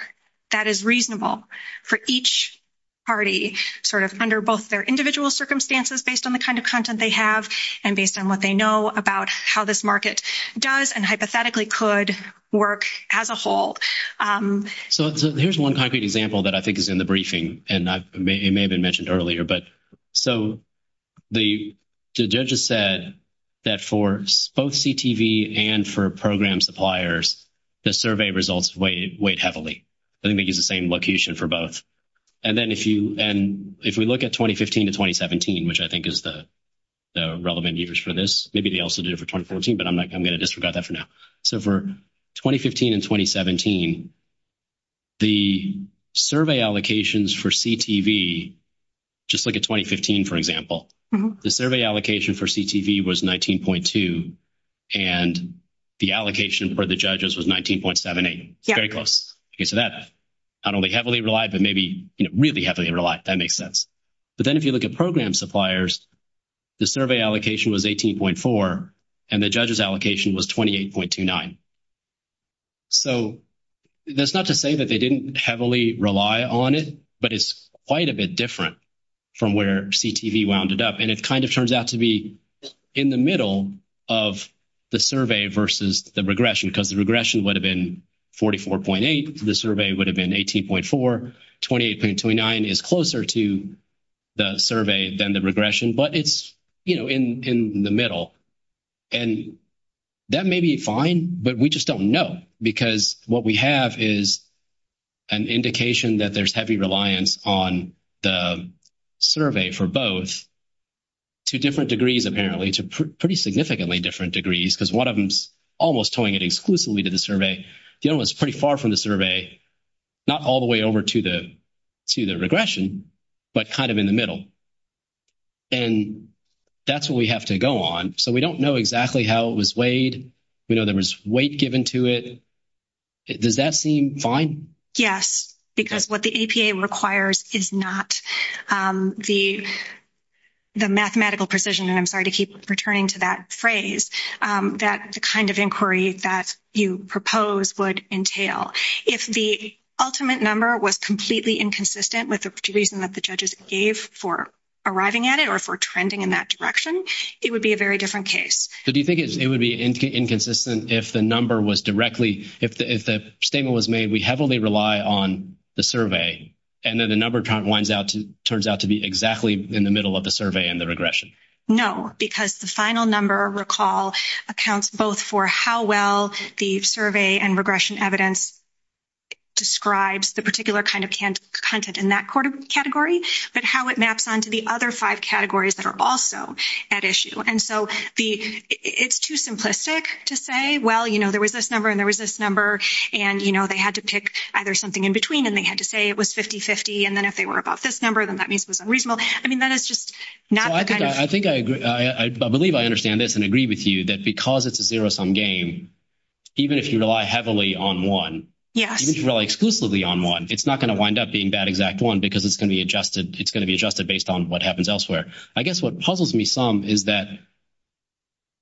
that is reasonable for each party sort of under both their individual circumstances based on the kind of content they have and based on what they know about how this market does and hypothetically could work as a whole. So here's one concrete example that I think is in the briefing. And it may have been mentioned earlier, but so the judges said that for both CTV and for program suppliers, the survey results weight heavily. I think they use the same location for both. And then if you, and if we look at 2015 to 2017, which I think is the relevant years for this, maybe they also did it for 2014, but I'm gonna disregard that for now. So for 2015 and 2017, the survey allocations for CTV, just look at 2015, for example, the survey allocation for CTV was 19.2 and the allocation for the judges was 19.78. Very close. It's not only heavily relied, but maybe really heavily relied, that makes sense. But then if you look at program suppliers, the survey allocation was 18.4 and the judges allocation was 28.29. So that's not to say that they didn't heavily rely on it, but it's quite a bit different from where CTV wounded up. And it kind of turns out to be in the middle of the survey versus the regression because the regression would have been 44.8, the survey would have been 18.4, 28.29 is closer to the survey than the regression, but it's in the middle. And that may be fine, but we just don't know because what we have is an indication that there's heavy reliance on the survey for both to different degrees, apparently, to pretty significantly different degrees because one of them's almost towing it exclusively to the survey. The other one's pretty far from the survey, not all the way over to the regression, but kind of in the middle. And that's what we have to go on. So we don't know exactly how it was weighed. We know there was weight given to it. Does that seem fine? Yes, because what the APA requires is not the mathematical precision, and I'm sorry to keep returning to that phrase, that the kind of inquiry that you propose would entail. If the ultimate number was completely inconsistent with the prediction that the judges gave for arriving at it or for trending in that direction, it would be a very different case. So do you think it would be inconsistent if the number was directly, if the statement was made, we heavily rely on the survey, and then the number turns out to be exactly in the middle of the survey and the regression? No, because the final number, recall, accounts both for how well the survey and regression evidence describes the particular kind of content in that category, but how it maps onto the other five categories that are also at issue. And so it's too simplistic to say, well, there was this number and there was this number, and they had to pick either something in between, and they had to say it was 50-50, and then if they were about this number, then that means it was unreasonable. I mean, that is just not kind of- I think I agree. I believe I understand this and agree with you, that because it's a zero-sum game, even if you rely heavily on one, even if you rely exclusively on one, it's not gonna wind up being that exact one because it's gonna be adjusted based on what happens elsewhere. I guess what puzzles me some is that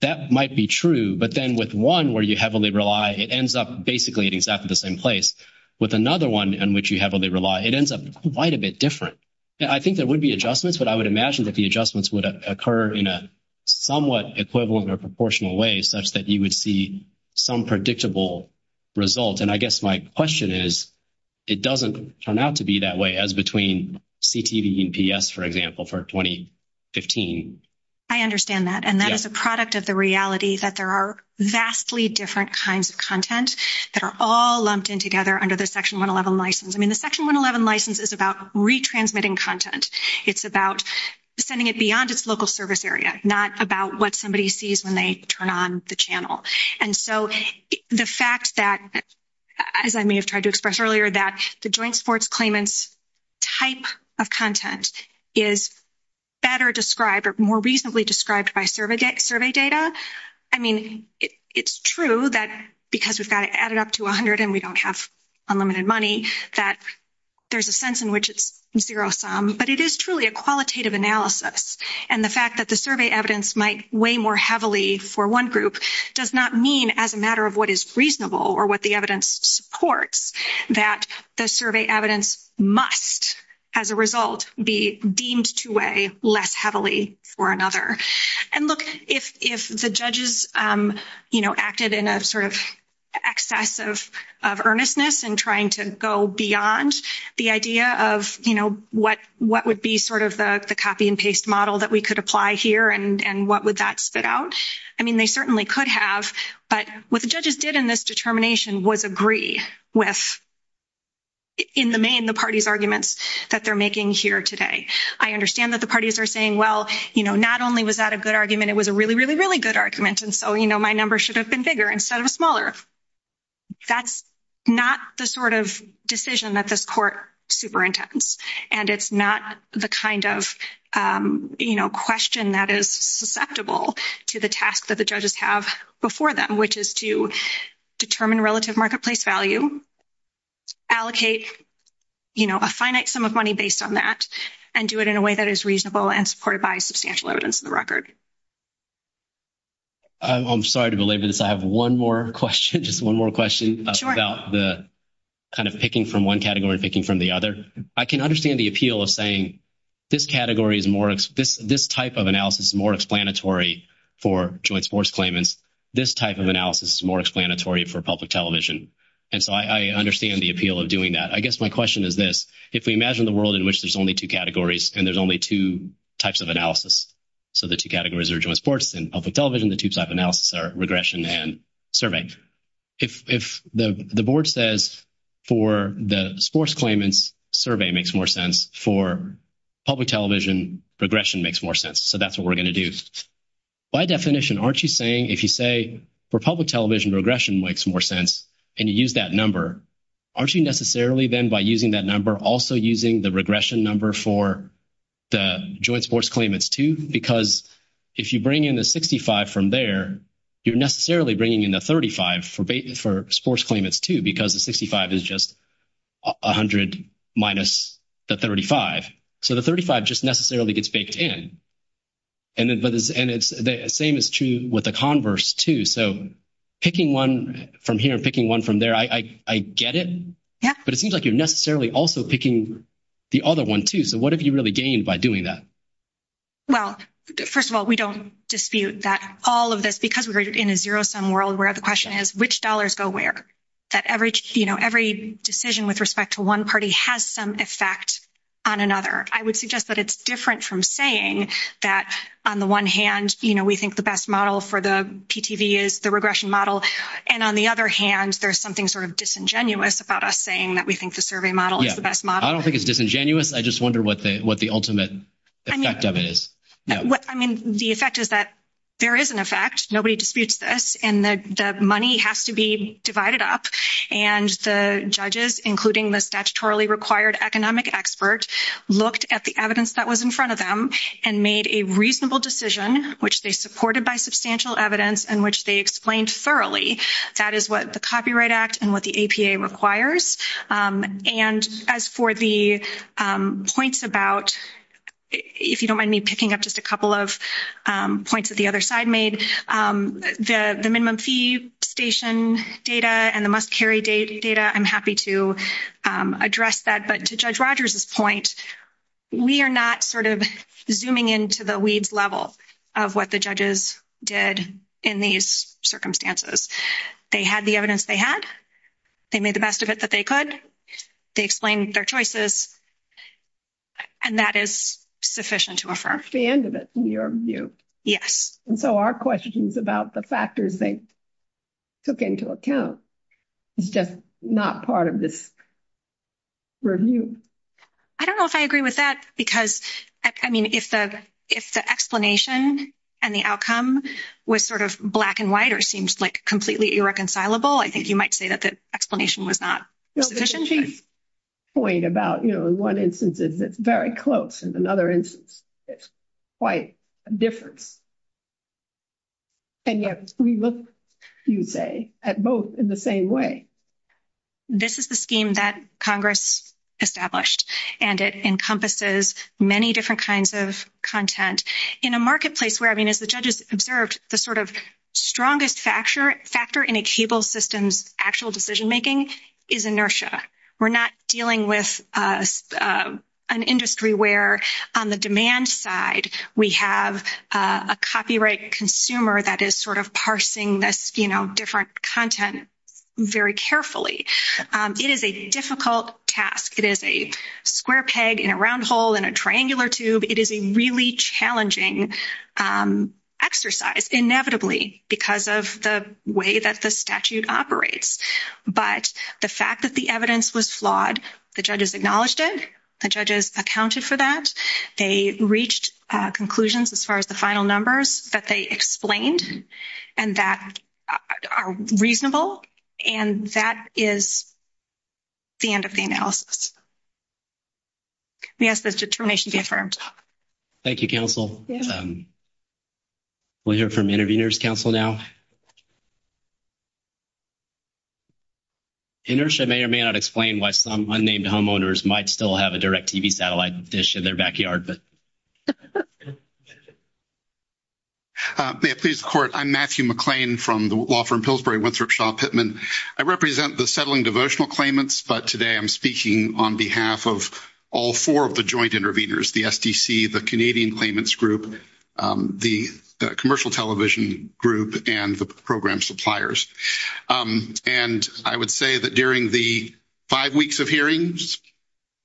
that might be true, but then with one where you heavily rely, it ends up basically in exactly the same place. With another one in which you heavily rely, it ends up quite a bit different. I think there would be adjustments, but I would imagine that the adjustments would occur in a somewhat equivalent or proportional way such that you would see some predictable results. And I guess my question is, it doesn't turn out to be that way as between CTV and PS, for example, for 2015. I understand that. And that is a product of the reality that there are vastly different kinds of content that are all lumped in together under the Section 111 license. I mean, the Section 111 license is about retransmitting content. It's about sending it beyond its local service area, not about what somebody sees when they turn on the channel. And so the fact that, as I may have tried to express earlier, that the joint sports claimants type of content is better described or more reasonably described by survey data. I mean, it's true that because we've got it added up to 100 and we don't have unlimited money, that there's a sense in which it's zero sum, but it is truly a qualitative analysis. And the fact that the survey evidence might weigh more heavily for one group does not mean as a matter of what is reasonable or what the evidence supports, that the survey evidence must, as a result, be deemed to weigh less heavily for another. And look, if the judges acted in a sort of excess of earnestness and trying to go beyond the idea of what would be sort of the copy and paste model that we could apply here and what would that spit out? I mean, they certainly could have, but what the judges did in this determination was agree with, in the main, the party's arguments that they're making here today. I understand that the parties are saying, well, not only was that a good argument, it was a really, really, really good argument. And so my number should have been bigger instead of a smaller. That's not the sort of decision that this court super intends. And it's not the kind of question that is susceptible to the tasks that the judges have before them, which is to determine relative marketplace value, allocate a finite sum of money based on that, and do it in a way that is reasonable and supported by substantial evidence of the record. I'm sorry to belabor this. I have one more question, just one more question about the kind of picking from one category and picking from the other. I can understand the appeal of saying this category is more, this type of analysis is more explanatory for joint sports claimants. This type of analysis is more explanatory for public television. And so I understand the appeal of doing that. I guess my question is this. If we imagine the world in which there's only two categories and there's only two types of analysis, so the two categories are joint sports and public television, the two types of analysis are regression and survey. If the board says for the sports claimants, survey makes more sense. For public television, regression makes more sense. So that's what we're gonna do. By definition, aren't you saying if you say for public television, regression makes more sense and you use that number, aren't you necessarily then by using that number also using the regression number for the joint sports claimants too? Because if you bring in the 65 from there, you're necessarily bringing in the 35 for sports claimants too, because the 65 is just 100 minus the 35. So the 35 just necessarily gets baked in. And the same is true with the converse too. So picking one from here and picking one from there, I get it, but it seems like you're necessarily also picking the other one too. So what have you really gained by doing that? Well, first of all, we don't dispute that all of this because we're in a zero-sum world where the question is which dollars go where that every decision with respect to one party has some effect on another. I would suggest that it's different from saying that on the one hand, we think the best model for the PTV is the regression model. And on the other hand, there's something sort of disingenuous about us saying that we think the survey model is the best model. I don't think it's disingenuous. I just wonder what the ultimate effect of it is. I mean, the effect is that there is an effect, nobody disputes this, and the money has to be divided up. And the judges, including the statutorily required economic experts, looked at the evidence that was in front of them and made a reasonable decision, which they supported by substantial evidence and which they explained thoroughly. That is what the Copyright Act and what the APA requires. And as for the points about, if you don't mind me picking up just a couple of points that the other side made, the minimum fee station data and the must carry data, I'm happy to address that. But to Judge Rogers' point, we are not sort of zooming into the weeds level of what the judges did in these circumstances. They had the evidence they had, they made the best of it that they could, they explained their choices, and that is sufficient to affirm. That's the end of it in your view. Yes. And so our questions about the factors they took into account is just not part of this review. I don't know if I agree with that, because, I mean, if the explanation and the outcome was sort of black and white or seems like completely irreconcilable, I think you might say that the explanation was not. The chief point about, you know, in one instance it's very close, in another instance it's quite different. And yet we look, you say, at both in the same way. This is the scheme that Congress established and it encompasses many different kinds of content. In a marketplace where, I mean, as the judges observed, the sort of strongest factor in a cable system's actual decision-making is inertia. We're not dealing with an industry where on the demand side we have a copyright consumer that is sort of parsing this, you know, different content very carefully. It is a difficult task. It is a square peg in a round hole in a triangular tube. It is a really challenging exercise, inevitably, because of the way that the statute operates. But the fact that the evidence was flawed, the judges acknowledged it, the judges accounted for that. They reached conclusions as far as the final numbers that they explained and that are reasonable. And that is the end of the analysis. May I ask that this determination be affirmed? Thank you, counsel. We'll hear from intervener's counsel now. Inertia may or may not explain why some unnamed homeowners might still have a DirecTV satellite dish in their backyard, but... May I please record, I'm Matthew McLean from the law firm Pillsbury Winthrop Shaw Pittman. I represent the Settling Devotional Claimants, but today I'm speaking on behalf of all four of the joint interveners, the SDC, the Canadian Claimants Group, the Commercial Television Group, and the program suppliers. And I would say that during the five weeks of hearings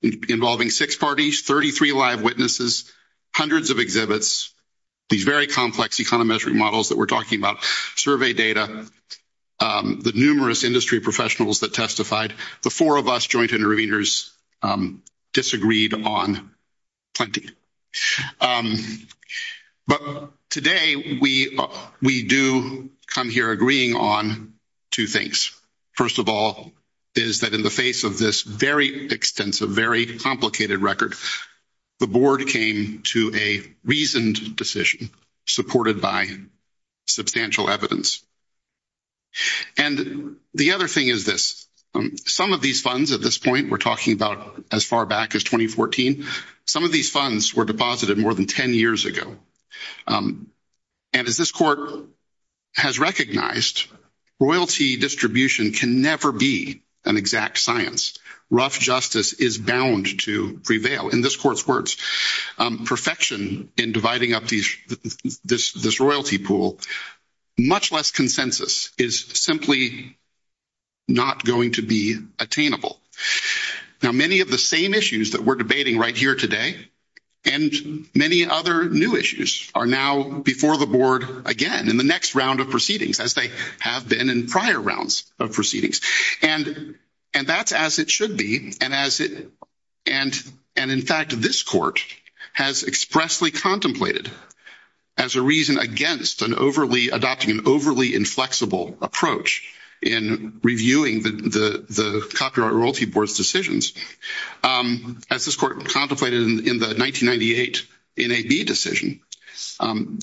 involving six parties, 33 live witnesses, hundreds of exhibits, these very complex econometric models that we're talking about, survey data, the numerous industry professionals that testified, the four of us joint interveners disagreed on plenty. But today we do come here agreeing on two things. First of all is that in the face of this very extensive, very complicated record, the board came to a reasoned decision supported by substantial evidence. And the other thing is this, some of these funds at this point we're talking about as far back as 2014, some of these funds were deposited more than 10 years ago. And as this court has recognized, royalty distribution can never be an exact science. Rough justice is bound to prevail. In this court's words, perfection in dividing up this royalty pool, much less consensus, is simply not going to be attainable. Now many of the same issues that we're debating right here today and many other new issues are now before the board again in the next round of proceedings as they have been in prior rounds of proceedings. And that's as it should be and in fact this court has expressly contemplated as a reason against an overly, adopting an overly inflexible approach in reviewing the Copyright Royalty Board's decisions. As this court contemplated in the 1998 NAB decision, in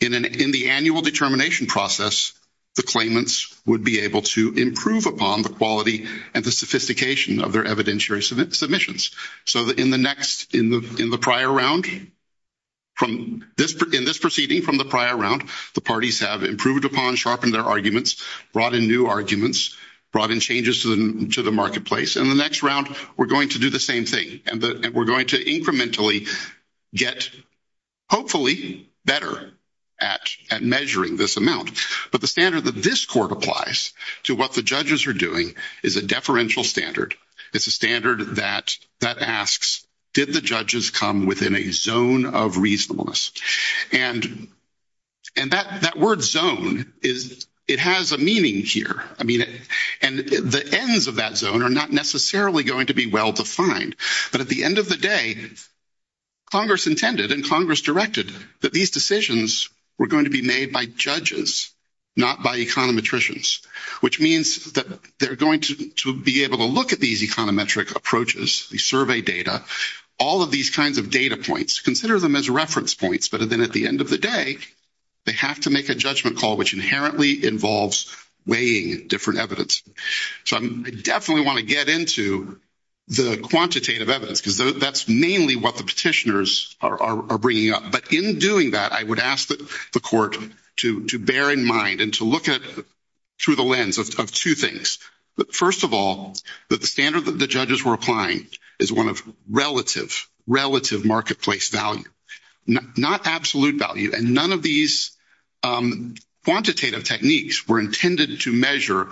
the annual determination process, the claimants would be able to improve upon the quality and the sophistication of their evidentiary submissions. So in the next, in the prior round, from this proceeding from the prior round, the parties have improved upon, sharpened their arguments, brought in new arguments, brought in changes to the marketplace. In the next round, we're going to do the same thing and we're going to incrementally get, hopefully, better at measuring this amount. But the standard that this court applies to what the judges are doing is a deferential standard. It's a standard that asks, did the judges come within a zone of reasonableness? And that word zone, it has a meaning here. I mean, and the ends of that zone are not necessarily going to be well-defined. But at the end of the day, Congress intended and Congress directed that these decisions were going to be made by judges, not by econometricians, which means that they're going to be able to look at these econometric approaches, the survey data, all of these kinds of data points, consider them as reference points. But then at the end of the day, they have to make a judgment call which inherently involves weighing different evidence. So I definitely want to get into the quantitative evidence because that's mainly what the petitioners are bringing up. But in doing that, I would ask the court to bear in mind and to look at it through the lens of two things. But first of all, the standard that the judges were applying is one of relative marketplace value, not absolute value. And none of these quantitative techniques were intended to measure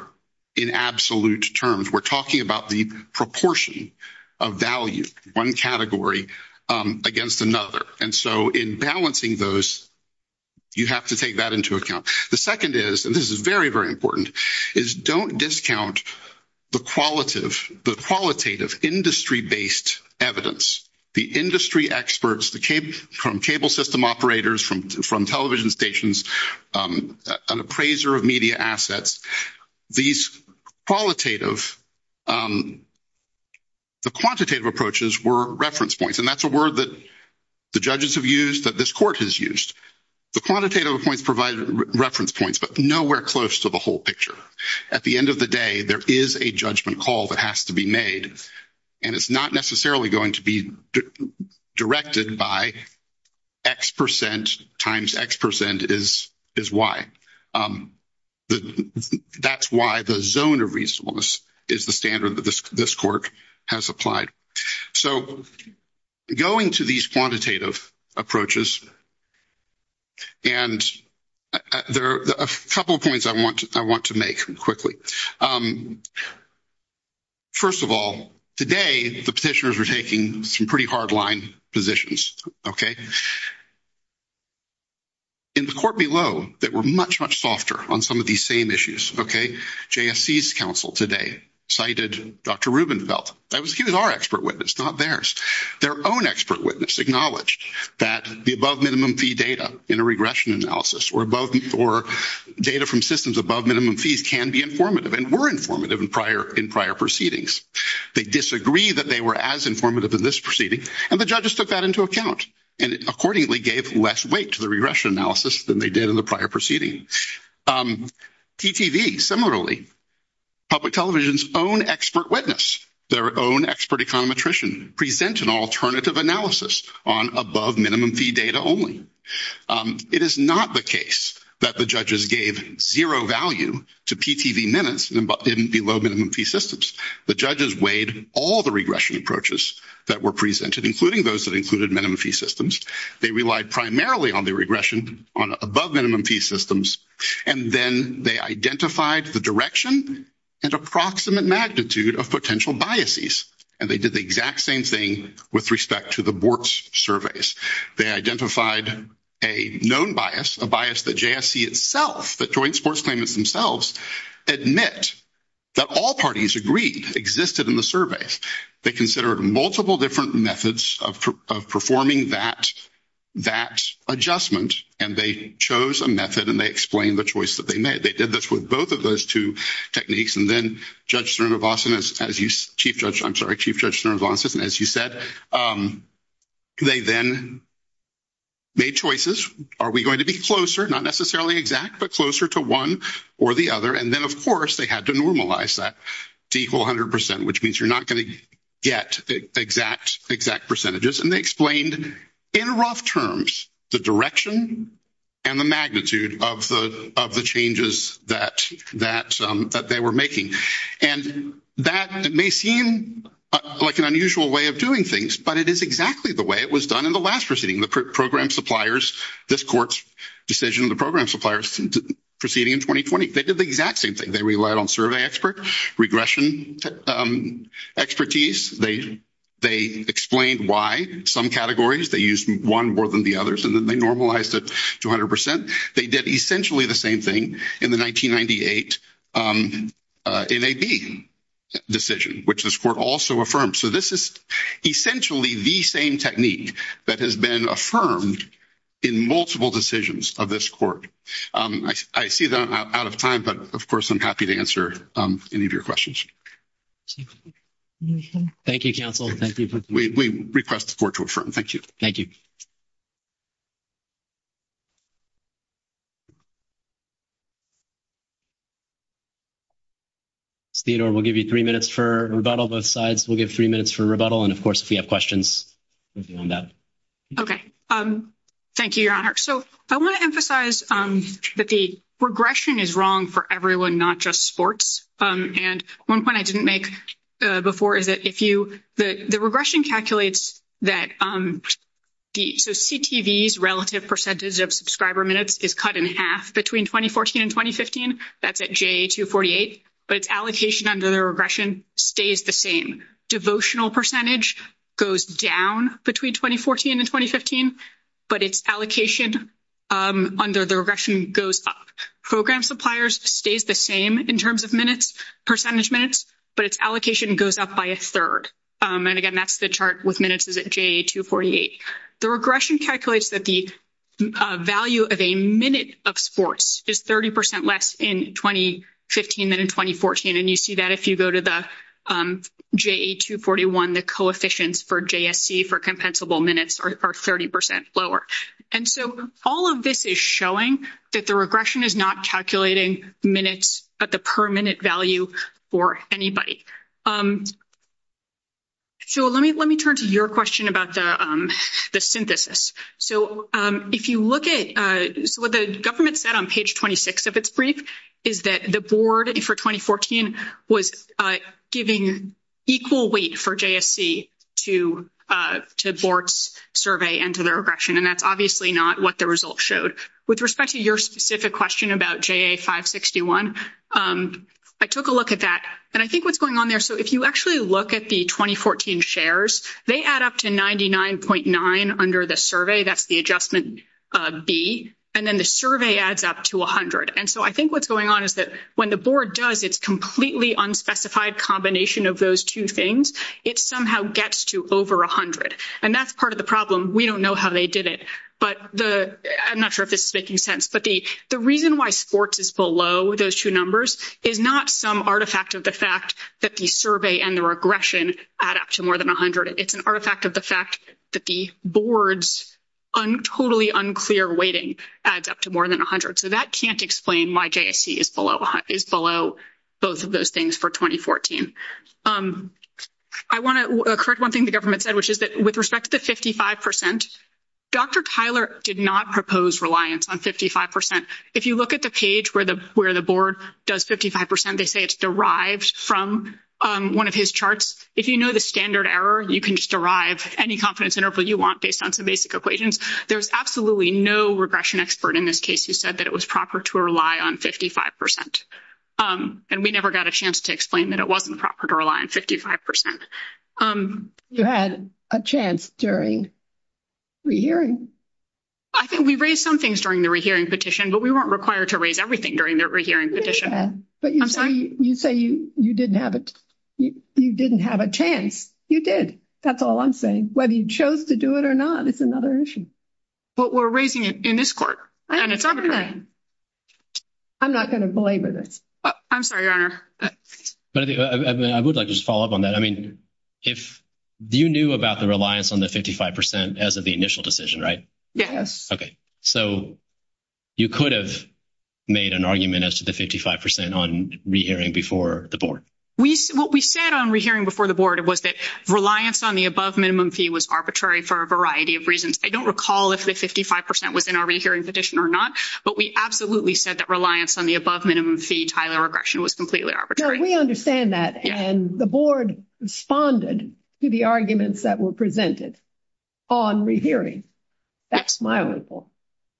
in absolute terms. We're talking about the proportion of value, one category against another. And so in balancing those, you have to take that into account. The second is, and this is very, very important, is don't discount the qualitative, the qualitative industry-based evidence. The industry experts from cable system operators, from television stations, an appraiser of media assets, these qualitative, the quantitative approaches were reference points. And that's a word that the judges have used that this court has used. The quantitative points provide reference points, but nowhere close to the whole picture. At the end of the day, there is a judgment call that has to be made. And it's not necessarily going to be directed by X percent times X percent is Y. That's why the zone of reasonableness is the standard that this court has applied. So going to these quantitative approaches, and there are a couple of points I want to make quickly. First of all, today, the petitioners are taking some pretty hard-line positions, okay? In the court below, they were much, much softer on some of these same issues, okay? JFC's counsel today cited Dr. Rubenfeld. That was our expert witness, not theirs. Their own expert witness acknowledged that the above-minimum fee data in a regression analysis or data from systems above minimum fees can be informative and were informative in prior proceedings. They disagree that they were as informative in this proceeding, and the judges took that into account and accordingly gave less weight to the regression analysis than they did in the prior proceeding. PTV, similarly, public television's own expert witness, their own expert econometrician, presented an alternative analysis on above-minimum fee data only. It is not the case that the judges gave zero value to PTV minutes in below-minimum fee systems. The judges weighed all the regression approaches that were presented, including those that included minimum fee systems. They relied primarily on the regression on above-minimum fee systems, and then they identified the direction and approximate magnitude of potential biases, and they did the exact same thing with respect to the BORTS surveys. They identified a known bias, a bias that JSC itself, the Joint Sports Claimants themselves, admit that all parties agreed existed in the survey. They considered multiple different methods of performing that adjustment, and they chose a method, and they explained the choice that they made. They did this with both of those two techniques, and then Judge Srinivasan, as you, Chief Judge, I'm sorry, Chief Judge Srinivasan, as you said, they then made choices. Are we going to be closer, not necessarily exact, but closer to one or the other? And then, of course, they had to normalize that to equal 100%, which means you're not gonna get exact percentages, and they explained, in rough terms, the direction and the magnitude of the changes that they were making. And that may seem like an unusual way of doing things, but it is exactly the way it was done in the last proceeding, the program suppliers, this court's decision, the program suppliers proceeding in 2020. They did the exact same thing. They relied on survey expert regression expertise. They explained why some categories, they used one more than the others, and then they normalized it to 100%. They did essentially the same thing in the 1998 NAD decision, which this court also affirmed. So this is essentially the same technique that has been affirmed in multiple decisions of this court. I see that I'm out of time, but, of course, I'm happy to answer any of your questions. Thank you, counsel. We request the court to affirm. Thank you. Thank you. Speed or we'll give you three minutes for rebuttal. Both sides, we'll give three minutes for rebuttal. And, of course, if you have questions on that. Okay. Thank you, Your Honor. So I want to emphasize that the regression is wrong for everyone, not just sports. And one point I didn't make before is that the regression calculates that the CTVs relative percentage of subscriber minutes is cut in half between 2014 and 2015. That's at JA248. But its allocation under the regression stays the same. Devotional percentage goes down between 2014 and 2015, but its allocation under the regression goes up. Program suppliers stays the same in terms of minutes, percentage minutes, but its allocation goes up by a third. And, again, that's the chart with minutes is at JA248. The regression calculates that the value of a minute of sports is 30% less in 2015 than in 2014. And you see that if you go to the JA241, the coefficients for JSC for compensable minutes are 30% lower. And so all of this is showing that the regression is not calculating minutes at the per minute value for anybody. So let me turn to your question about the synthesis. So if you look at what the government said on page 26 of its brief, is that the board for 2014 was giving equal weight for JSC to the board's survey and to the regression. And that's obviously not what the results showed. With respect to your specific question about JA561, I took a look at that. And I think what's going on there, so if you actually look at the 2014 shares, they add up to 99.9 under the survey. That's the adjustment B. And then the survey adds up to 100. And so I think what's going on is that when the board does its completely unspecified combination of those two things, it somehow gets to over 100. And that's part of the problem. We don't know how they did it. But I'm not sure if it's making sense. But the reason why sports is below those two numbers is not some artifact of the fact that the survey and the regression add up to more than 100. It's an artifact of the fact that the board's totally unclear weighting adds up to more than 100. So that can't explain why JSC is below both of those things for 2014. I wanna correct one thing the government said, which is that with respect to the 55%, Dr. Tyler did not propose reliance on 55%. If you look at the page where the board does 55%, they say it's derived from one of his charts. If you know the standard error, you can just derive any confidence interval you want based on some basic equations. There's absolutely no regression expert in this case who said that it was proper to rely on 55%. And we never got a chance to explain that it wasn't proper to rely on 55%. You had a chance during the hearing. I think we raised some things during the rehearing petition, but we weren't required to raise everything during the rehearing petition. I'm sorry? You say you didn't have a chance. You did. That's all I'm saying. Whether you chose to do it or not, it's another issue. But we're raising it in this court and it's arbitration. I'm not gonna belabor this. I'm sorry, Your Honor. But I would like to just follow up on that. I mean, if you knew about the reliance on the 55% as of the initial decision, right? Yes. Okay. So you could have made an argument as to the 55% on rehearing before the board. What we said on rehearing before the board was that reliance on the above minimum fee was arbitrary for a variety of reasons. I don't recall if the 55% was in our rehearing petition or not, but we absolutely said that reliance on the above minimum fee title regression was completely arbitrary. No, we understand that. And the board responded to the arguments that were presented on rehearing. That's my report.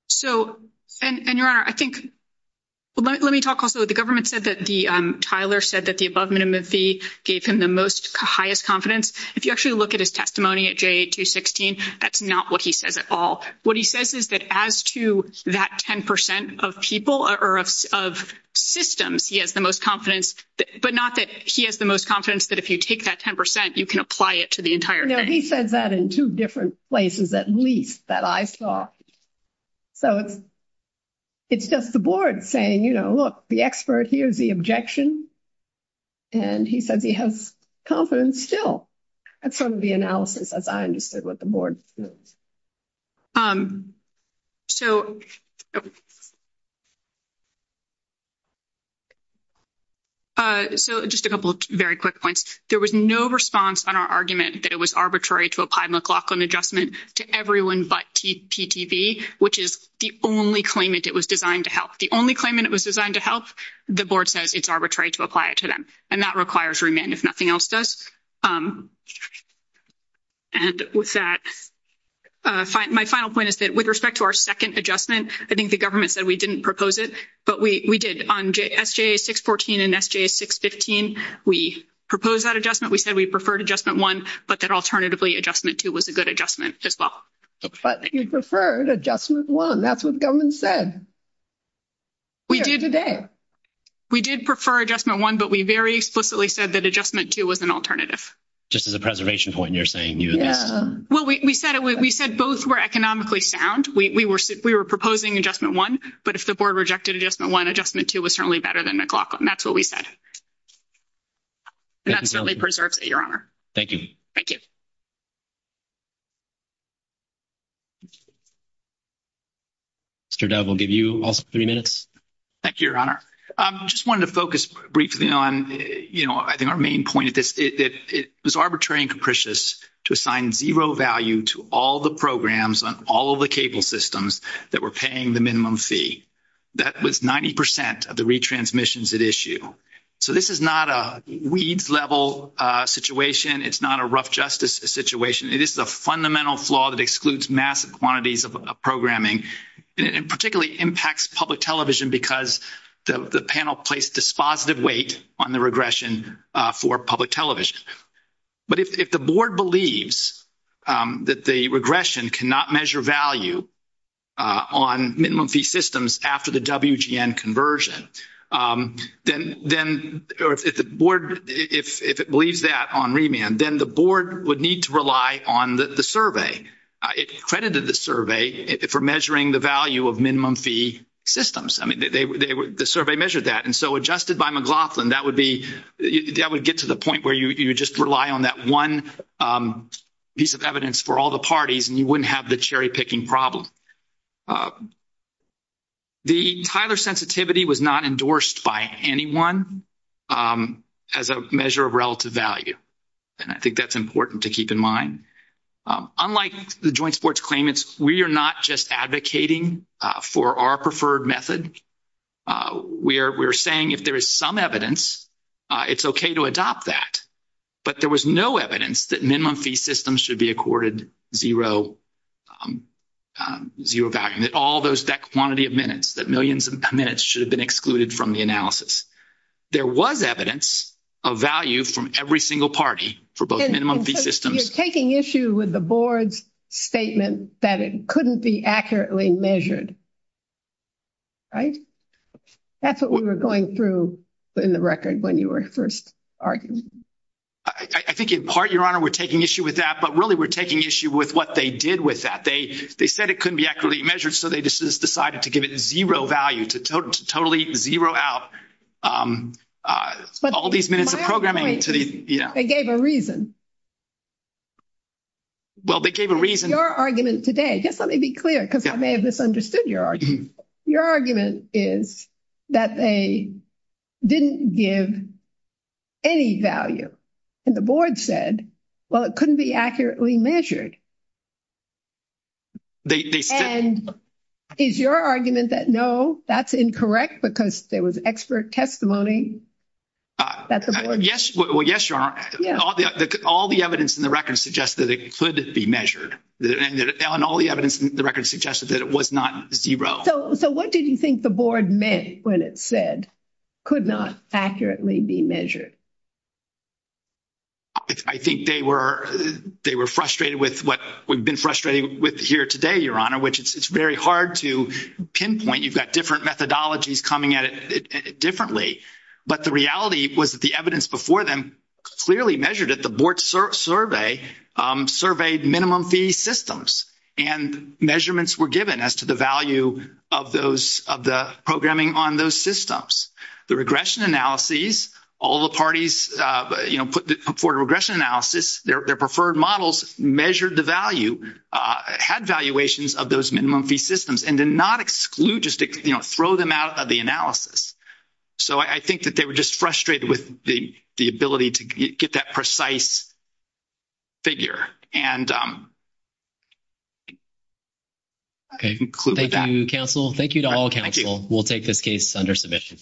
So, and Your Honor, I think, let me talk also, the government said that the, Tyler said that the above minimum fee gave him the most, highest confidence. If you actually look at his testimony at JA 216, that's not what he says at all. What he says is that as to that 10% of people or of systems, he has the most confidence, but not that he has the most confidence that if you take that 10%, you can apply it to the entire. No, he says that in two different places, at least that I saw. So it's just the board saying, you know, look, the expert, here's the objection. And he said he has confidence still from the analysis as I understood what the board. So, so just a couple of very quick points. There was no response on our argument that it was arbitrary to apply the McLaughlin adjustment to everyone but PTV, which is the only claimant it was designed to help. The only claimant it was designed to help, the board says it's arbitrary to apply it to them. And that requires remand if nothing else does. And with that, my final point is that with respect to our second adjustment, I think the government said we didn't propose it, but we did on SJA 614 and SJA 615. We proposed that adjustment. We said we preferred adjustment one, but that alternatively adjustment two was a good adjustment as well. But you preferred adjustment one. That's what government said. We did. Here today. We did prefer adjustment one, but we very explicitly said that adjustment two was an alternative. Just as a preservation point, you're saying you- Yeah. Well, we said both were economically sound. We were proposing adjustment one, but if the board rejected adjustment one, adjustment two was certainly better than McLaughlin. That's what we said. And that certainly preserves it, your honor. Thank you. Thank you. Mr. Dowd, we'll give you also three minutes. Thank you, your honor. Just wanted to focus briefly on, I think our main point of this. It was arbitrary and capricious to assign zero value to all the programs on all of the cable systems that were paying the minimum fee. That was 90% of the retransmissions at issue. So this is not a weeds level situation. It's not a rough justice situation. It is the fundamental flaw that excludes massive quantities of programming and particularly impacts public television because the panel placed this positive weight on the regression for public television. But if the board believes that the regression cannot measure value on minimum fee systems after the WGN conversion, then, or if the board, if it believes that on remand, then the board would need to rely on the survey. It credited the survey for measuring the value of minimum fee systems. I mean, the survey measured that. And so adjusted by McLaughlin, that would get to the point where you just rely on that one piece of evidence for all the parties and you wouldn't have the cherry picking problem. The Tyler sensitivity was not endorsed by anyone as a measure of relative value. And I think that's important to keep in mind. Unlike the joint sports claimants, we are not just advocating for our preferred method. We're saying if there is some evidence, it's okay to adopt that. But there was no evidence that minimum fee systems should be accorded zero value. All those, that quantity of minutes, that millions of minutes should have been excluded from the analysis. There was evidence of value from every single party for both minimum fee systems. And so you're taking issue with the board's statement that it couldn't be accurately measured, right? That's what we were going through in the record when you were first arguing. I think in part, Your Honor, we're taking issue with that, but really we're taking issue with what they did with that. They said it couldn't be accurately measured, so they just decided to give it zero value, to totally zero out all these minutes of programming. They gave a reason. Well, they gave a reason. Your argument today, just let me be clear, because I may have misunderstood your argument. Your argument is that they didn't give any value. And the board said, well, it couldn't be accurately measured. And is your argument that, no, that's incorrect because there was expert testimony? Yes, well, yes, Your Honor. All the evidence in the record suggests that it could be measured. And all the evidence in the record suggested that it was not zero. So what did you think the board meant when it said, could not accurately be measured? I think they were frustrated with what, we've been frustrated with here today, Your Honor, which it's very hard to pinpoint. You've got different methodologies coming at it differently. But the reality was that the evidence before them clearly measured it. The board surveyed minimum fee systems, and measurements were given as to the value of the programming on those systems. The regression analyses, all the parties put forward regression analysis, their preferred models measured the value, had valuations of those minimum fee systems, and did not exclude just to throw them out of the analysis. So I think that they were just frustrated with the ability to get that precise figure. And- Okay, thank you, counsel. Thank you to all counsel. We'll take this case under submission.